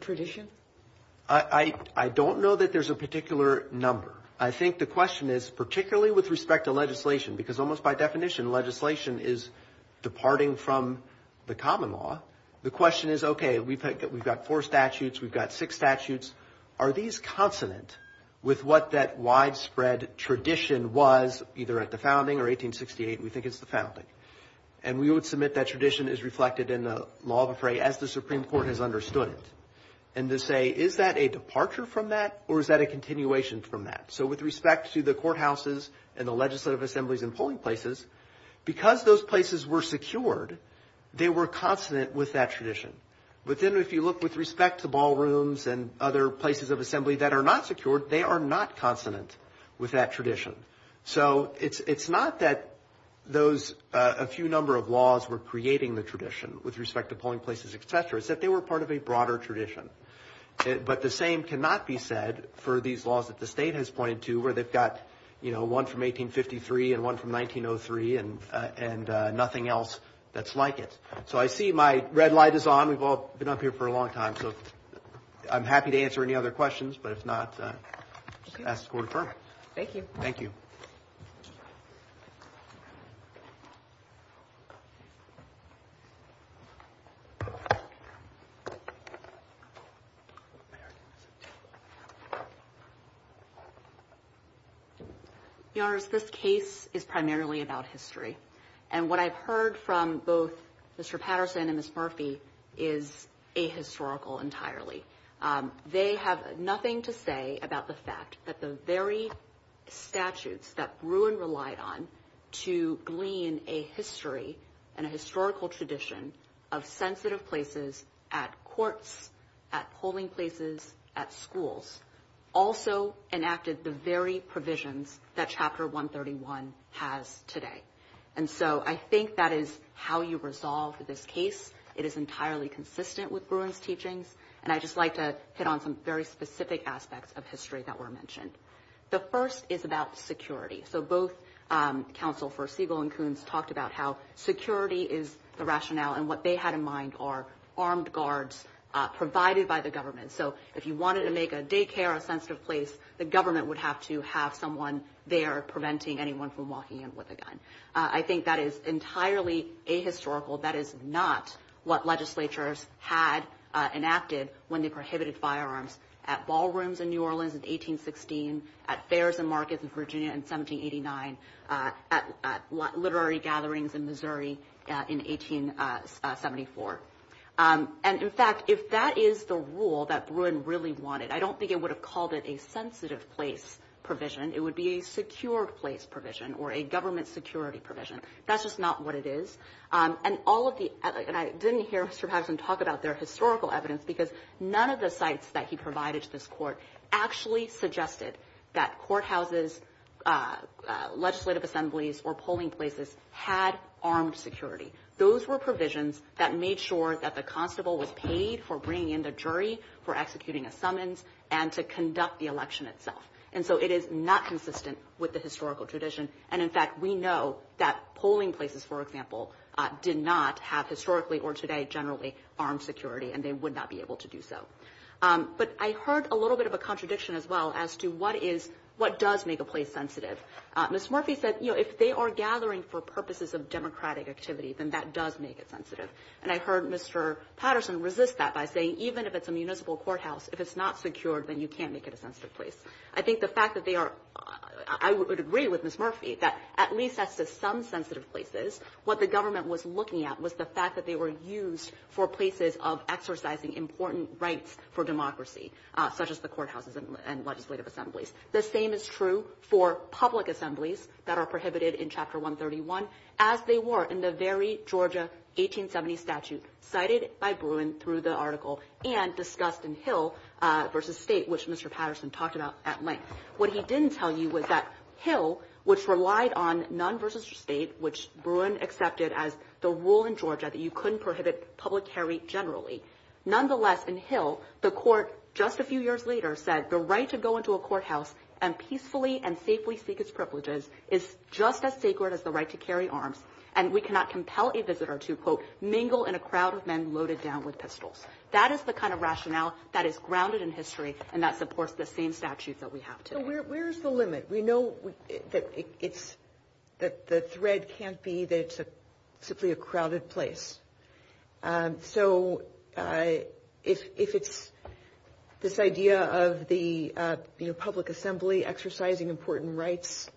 tradition? I don't know that there's a particular number. I think the question is, particularly with respect to legislation, because almost by definition, legislation is departing from the common law, the question is, okay, we've got four statutes, we've got six statutes, are these consonant with what that widespread tradition was, either at the founding or 1868, we think it's the common law to say, is that a departure from that or is that a continuation from that? So with respect to the courthouses and the legislative assemblies and polling places, because those places were secured, they were consonant with that tradition. But then if you look with respect to ballrooms and other places of assembly that are not secured, they are not consonant with that tradition. So it's not that those, a few number of laws were creating the tradition with respect to polling places, et cetera, it's that they were part of a broader tradition. But the same cannot be said for these laws that the state has pointed to where they've got, you know, one from 1853 and one from 1903 and nothing else that's like it. So I see my red light is on. We've all been up here for a long time. So I'm happy to answer any other questions, but if not, ask or confirm. Thank you. Thank you. Your Honor, this case is primarily about history. And what I've heard from both Mr. Patterson and Ms. Murphy is ahistorical entirely. They have nothing to say about the fact that the very statutes that Bruin relied on to glean a history and a historical tradition of sensitive places at courts, at polling places, at schools, also enacted the very provisions that Chapter 131 has today. And so I think that is how you resolve this case. It is entirely consistent with Bruin's teachings. And I'd just like to hit on some very specific aspects of history that were mentioned. The first is about security. So both counsel for Siegel and Coons talked about how security is the rationale and what they had in mind are armed guards provided by the government. So if you wanted to make a daycare or a sensitive place, the government would have to have someone there preventing anyone from walking in with a gun. I think that is entirely ahistorical. That is not what legislatures had enacted when they prohibited firearms at ballrooms in New Orleans in 1816, at fairs and markets in Virginia in 1789, at literary gatherings in Missouri in 1874. And in fact, if that is the rule that Bruin really wanted, I don't think it would have called it a sensitive place provision. It would be a secure place provision or a government security provision. That's just not what it is. And all of the – and I didn't hear Mr. Patterson talk about their historical evidence because none of the sites that he provided to this court actually suggested that courthouses, legislative assemblies, or polling places had armed security. Those were provisions that made sure that the constable was paid for bringing in the jury, for executing a summons, and to conduct the election itself. And so it is not consistent with the historical tradition. And in fact, we know that polling places, for example, did not have historically or today generally armed security and they would not be able to do so. But I heard a little bit of a contradiction as well as to what is – what does make a place sensitive. Ms. Murphy said, you know, if they are gathering for purposes of democratic activity, then that does make it sensitive. And I heard Mr. Patterson resist that by saying even if it's a municipal courthouse, if it's not secured, then you can't make it a sensitive place. I think the fact that they are – I would agree with Ms. Murphy that at least as with some sensitive places, what the government was looking at was the fact that they were used for places of exercising important rights for democracy, such as the courthouses and legislative assemblies. The same is true for public assemblies that are prohibited in Chapter 131 as they were in the very Georgia 1870 statute cited by Bruin through the article and discussed in Hill versus State, which Mr. Patterson talked about at length. What he didn't tell you was that Hill, which relied on Nunn versus State, which Bruin accepted as the rule in Georgia that you couldn't prohibit public carry generally. Nonetheless, in Hill, the court just a few years later said the right to go into a courthouse and peacefully and safely seek its privileges is just as sacred as the right to carry arms and we cannot compel a visitor to, quote, mingle in a crowd of men loaded down with pistols. That is the kind of rationale that is grounded in history and that supports the same statute that we have today. So where is the limit? We know that it's – that the thread can't be that it's simply a crowded place. So if it's this idea of the public assembly exercising important rights,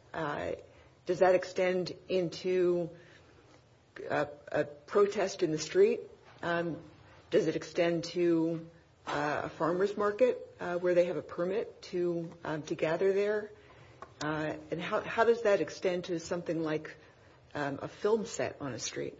does that extend into a protest in the street? Does it extend to a farmer's market where they have a permit to gather there? And how does that extend to something like a film set on a street?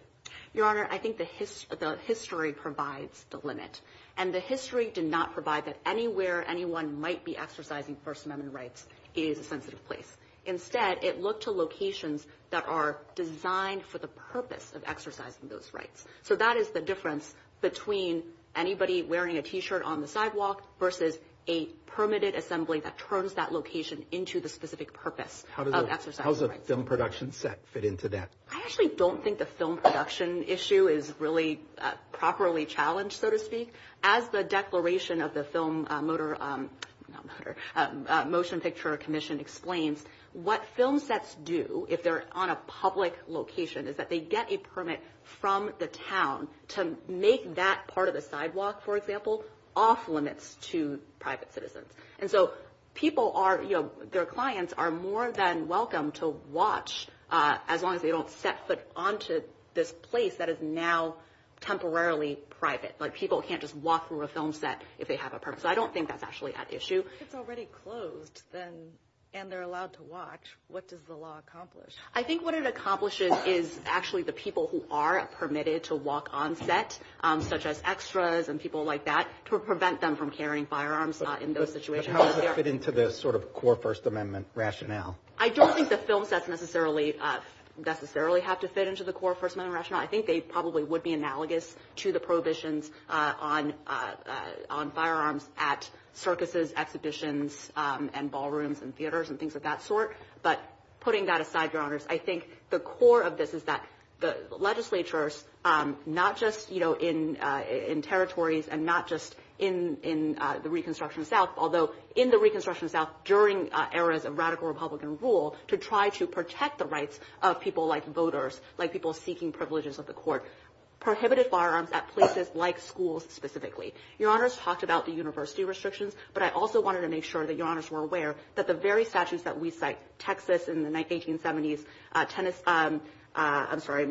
Your Honor, I think the history provides the limit. And the history did not provide that anywhere anyone might be exercising First Amendment rights is a sensitive place. Instead, it looked to locations that are designed for the purpose of exercising those rights. So that is the difference between anybody wearing a T-shirt on the sidewalk versus a permitted assembly that turns that location into the specific purpose of exercising those rights. How does a film production set fit into that? I actually don't think the film production issue is really properly challenged, so to speak. As the declaration of the Film Motor – Motion Picture Commission explains, what film sets do if they're on a public location is that they get a permit from the town to make that part of the sidewalk, for example, off-limits to private citizens. And so people are – their clients are more than welcome to watch as long as they don't set foot onto this place that is now temporarily private. Like, people can't just walk through a film set if they have a permit. So I don't think that's actually that issue. If it's already closed and they're allowed to watch, what does the law accomplish? I think what it accomplishes is actually the people who are permitted to walk on set, such as extras and people like that, to prevent them from carrying firearms in those situations. But how does that fit into the sort of core First Amendment rationale? I don't think the film sets necessarily have to fit into the core First Amendment rationale. I think they probably would be analogous to the prohibitions on firearms at circuses, exhibitions, and ballrooms, and theaters, and things of that sort. But putting that aside, Your Honors, I think the core of this is that the legislatures, not just in territories and not just in the Reconstruction South – although in the Reconstruction South, during eras of radical Republican rule, to try to protect the rights of people like voters, like people seeking privileges of the court, prohibited firearms at places like schools specifically. Your Honors talked about the university restrictions, but I also wanted to make sure that Your Honors were aware that the very statutes that we cite – Texas in the 1870s,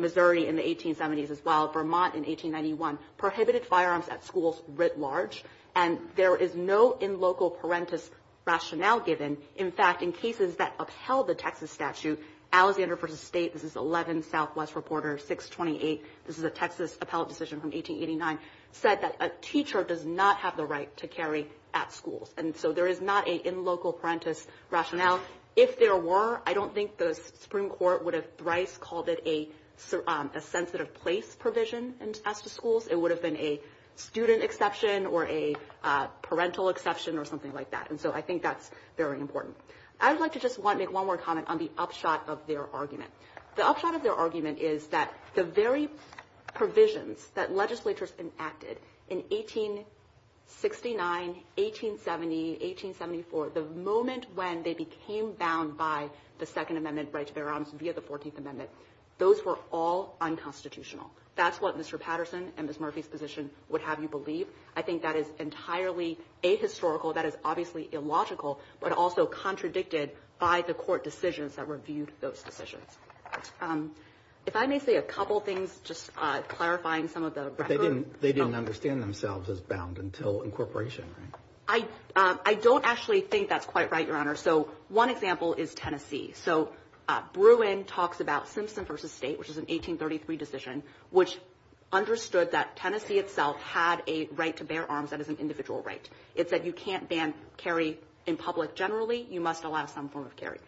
Missouri in the 1870s as well, Vermont in 1891 – prohibited firearms at schools writ large. And there is no in-local parentis rationale given. In fact, in cases that upheld the Texas statute, Alexander v. State – this is 11 Southwest Reporter 628 – this is a Texas appellate decision from 1889 – said that a teacher does not have the right to carry at schools. And so there is not an in-local parentis rationale. If there were, I don't think the Supreme Court would have thrice called it a sensitive place provision at the schools. It would have been a student exception or a parental exception or something like that. And so I think that's very important. I would like to just make one more comment on the upshot of their argument. The upshot of their argument is that the very provisions that legislatures enacted in 1869, 1870, 1874 – the moment when they became bound by the Second Amendment right to bear arms via the Fourteenth Amendment – those were all unconstitutional. That's what Mr. Patterson and Ms. Murphy's position would have you believe. I think that is entirely ahistorical. That is obviously illogical, but also contradicted by the court decisions that reviewed those decisions. If I may say a couple things, just clarifying some of the record. They didn't understand themselves as bound until incorporation, right? I don't actually think that's quite right, Your Honor. So one example is Tennessee. So Bruin talks about Simpson v. State, which is an 1833 decision, which understood that Tennessee itself had a right to bear arms that is an individual right. It said you can't ban carry in public generally. You must allow some form of carry.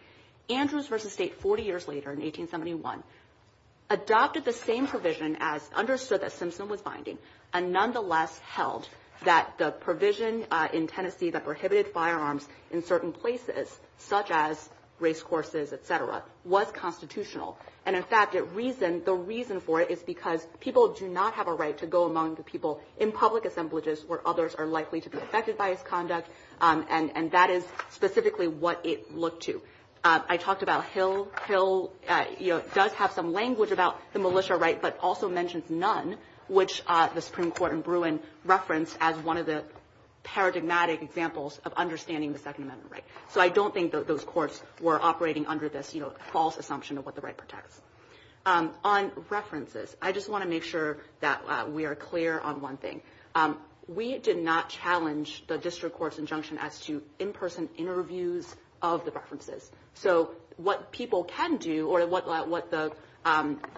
Andrews v. State, 40 years later in 1871, adopted the same provision as understood that Simpson was binding and nonetheless held that the provision in Tennessee that prohibited firearms in certain places, such as race courses, et cetera, was constitutional. And in fact, the reason for it is because people do not have a right to go among the people in public assemblages where others are likely to be affected by its conduct, and that is specifically what it looked to. I talked about Hill. Hill does have some language about the militia right but also mentions none, which the Supreme Court in Bruin referenced as one of the paradigmatic examples of understanding the Second Amendment right. So I don't think that those courts were operating under this false assumption of what the right protects. On references, I just want to make sure that we are clear on one thing. We did not challenge the district court's injunction as to in-person interviews of the references. So what people can do or what the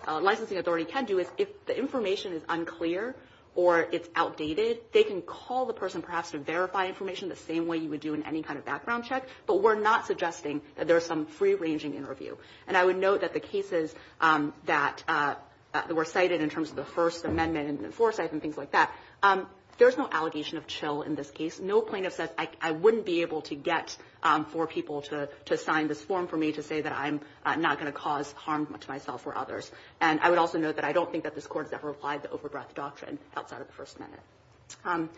licensing authority can do is if the information is unclear or it's outdated, they can call the person perhaps to verify information the same way you would do in any kind of background check, but we're not suggesting that there's some free-ranging interview. And I would note that the cases that were cited in terms of the First Amendment and Enforcement Act and things like that, there's no allegation of chill in this case. No plaintiff says, I wouldn't be able to get for people to sign this form for me to say that I'm not going to cause harm to myself or others. And I would also note that I don't think that this court has ever applied the overdraft doctrine outside of the First Amendment.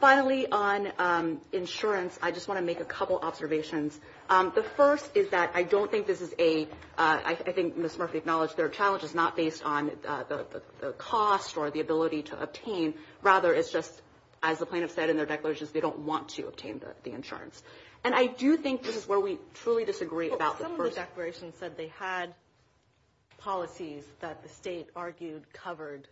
Finally, on insurance, I just want to make a couple observations. The first is that I don't think this is a, I think Ms. Murphy acknowledged, their challenge is not based on the cost or the ability to obtain. Rather, it's just, as the plaintiff said in their declarations, they don't want to obtain the insurance. And I do think this is where we truly disagree about the first- Well, some of the declarations said they had policies that the state argued covered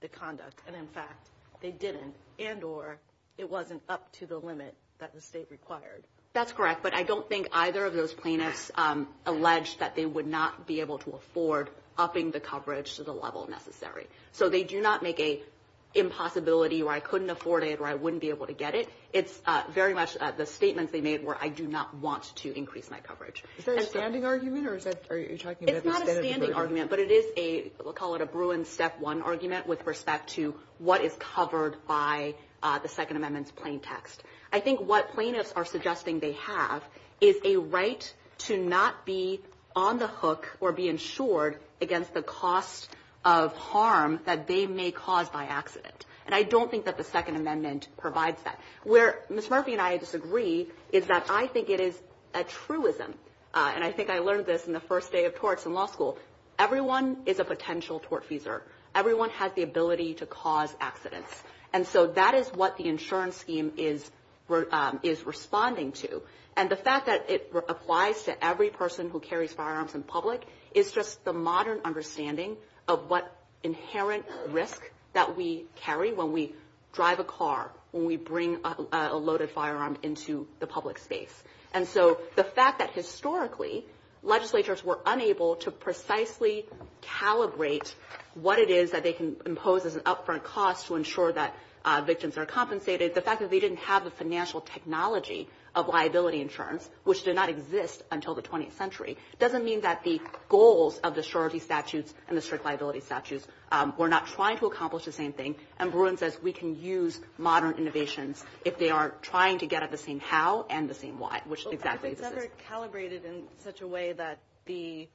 the conduct. And in fact, they didn't and or it wasn't up to the limit that the state required. That's correct. But I don't think either of those plaintiffs alleged that they would not be able to afford upping the coverage to the level necessary. So they do not make a impossibility where I couldn't afford it or I wouldn't be able to get it. It's very much the statement they made where I do not want to increase my coverage. Is that a standing argument or is that, are you talking about- It's not a standing argument, but it is a, we'll call it a Bruin step one argument with respect to what is covered by the Second Amendment's plain text. I think what plaintiffs are suggesting they have is a right to not be on the hook or be insured against the cost of harm that they may cause by accident. And I don't think that the Second Amendment provides that. Where Ms. Murphy and I disagree is that I think it is a truism. And I think I learned this in the first day of torts in law school. Everyone is a potential tortfeasor. Everyone has the ability to cause accidents. And so that is what the insurance scheme is responding to. And the fact that it applies to every person who carries firearms in public, it's just the modern understanding of what inherent risk that we carry when we drive a car, when we bring a loaded firearm into the public space. And so the fact that historically legislatures were unable to precisely calibrate what it is that they can impose as an upfront cost to ensure that victims are compensated, the fact that they didn't have the financial technology of liability insurance, which did not exist until the 20th century, doesn't mean that the goals of the surrogacy statutes and the strict liability statutes were not trying to accomplish the same thing. And Bruin says we can use modern innovations if they are trying to get at the same how and the same why, which exactly is it. If it's calibrated in such a way that the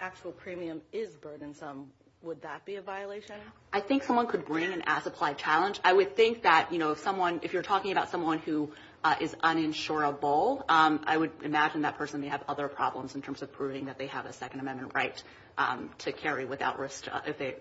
actual premium is burdensome, would that be a violation? I think someone could bring in an as-applied challenge. I would think that if you're talking about someone who is uninsurable, I would imagine that person may have other problems in terms of proving that they have a Second Amendment right to carry without risk.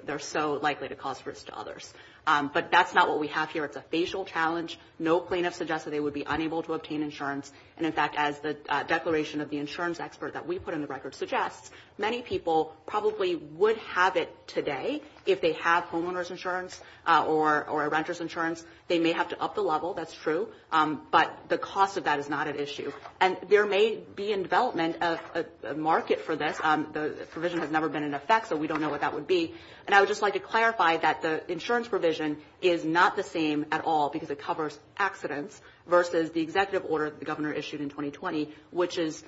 They're so likely to cause risk to others. But that's not what we have here. It's a facial challenge. No plaintiff suggests that they would be unable to obtain insurance. And in fact, as the declaration of the insurance expert that we put in the record suggests, many people probably would have it today if they have homeowner's insurance or a renter's insurance. They may have to up the level. That's true. But the cost of that is not an issue. And there may be in development a market for this. The provision has never been in effect, so we don't know what that would be. And I would just like to clarify that the insurance provision is not the same at all because it covers accidents versus the executive order the governor issued in 2020, which is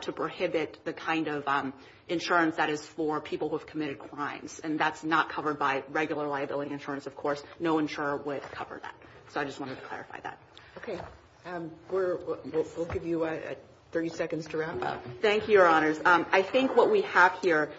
to prohibit the kind of insurance that is for people who have committed crimes. And that's not covered by regular liability insurance, of course. No insurer would cover that. So I just wanted to clarify that. Okay. We'll give you 30 seconds to wrap up. Thank you, Your Honors. I think what we have here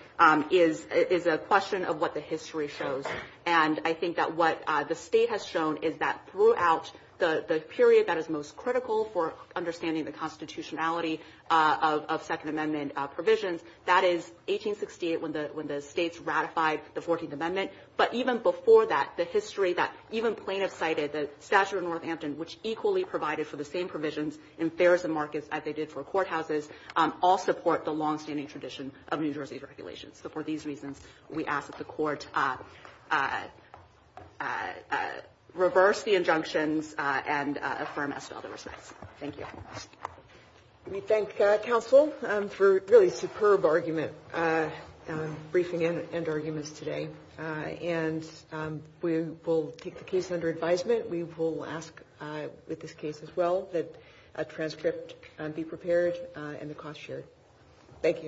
is a question of what the history shows. And I think that what the state has shown is that throughout the period that is most critical for understanding the constitutionality of Second Amendment provisions, that is 1868 when the states ratified the 14th Amendment. But even before that, the history that even plaintiffs cited, the statute of Northampton, which equally provided for the same provisions in fares and markets as they did for courthouses, all support the longstanding tradition of New Jersey's regulations. So for these reasons, we ask that the court reverse the injunctions and affirm as to other respects. Thank you. We thank counsel for a really superb argument, briefing and arguments today. And we will keep the case under advisement. We will ask with this case as well that a transcript be prepared and the cost shared. Thank you.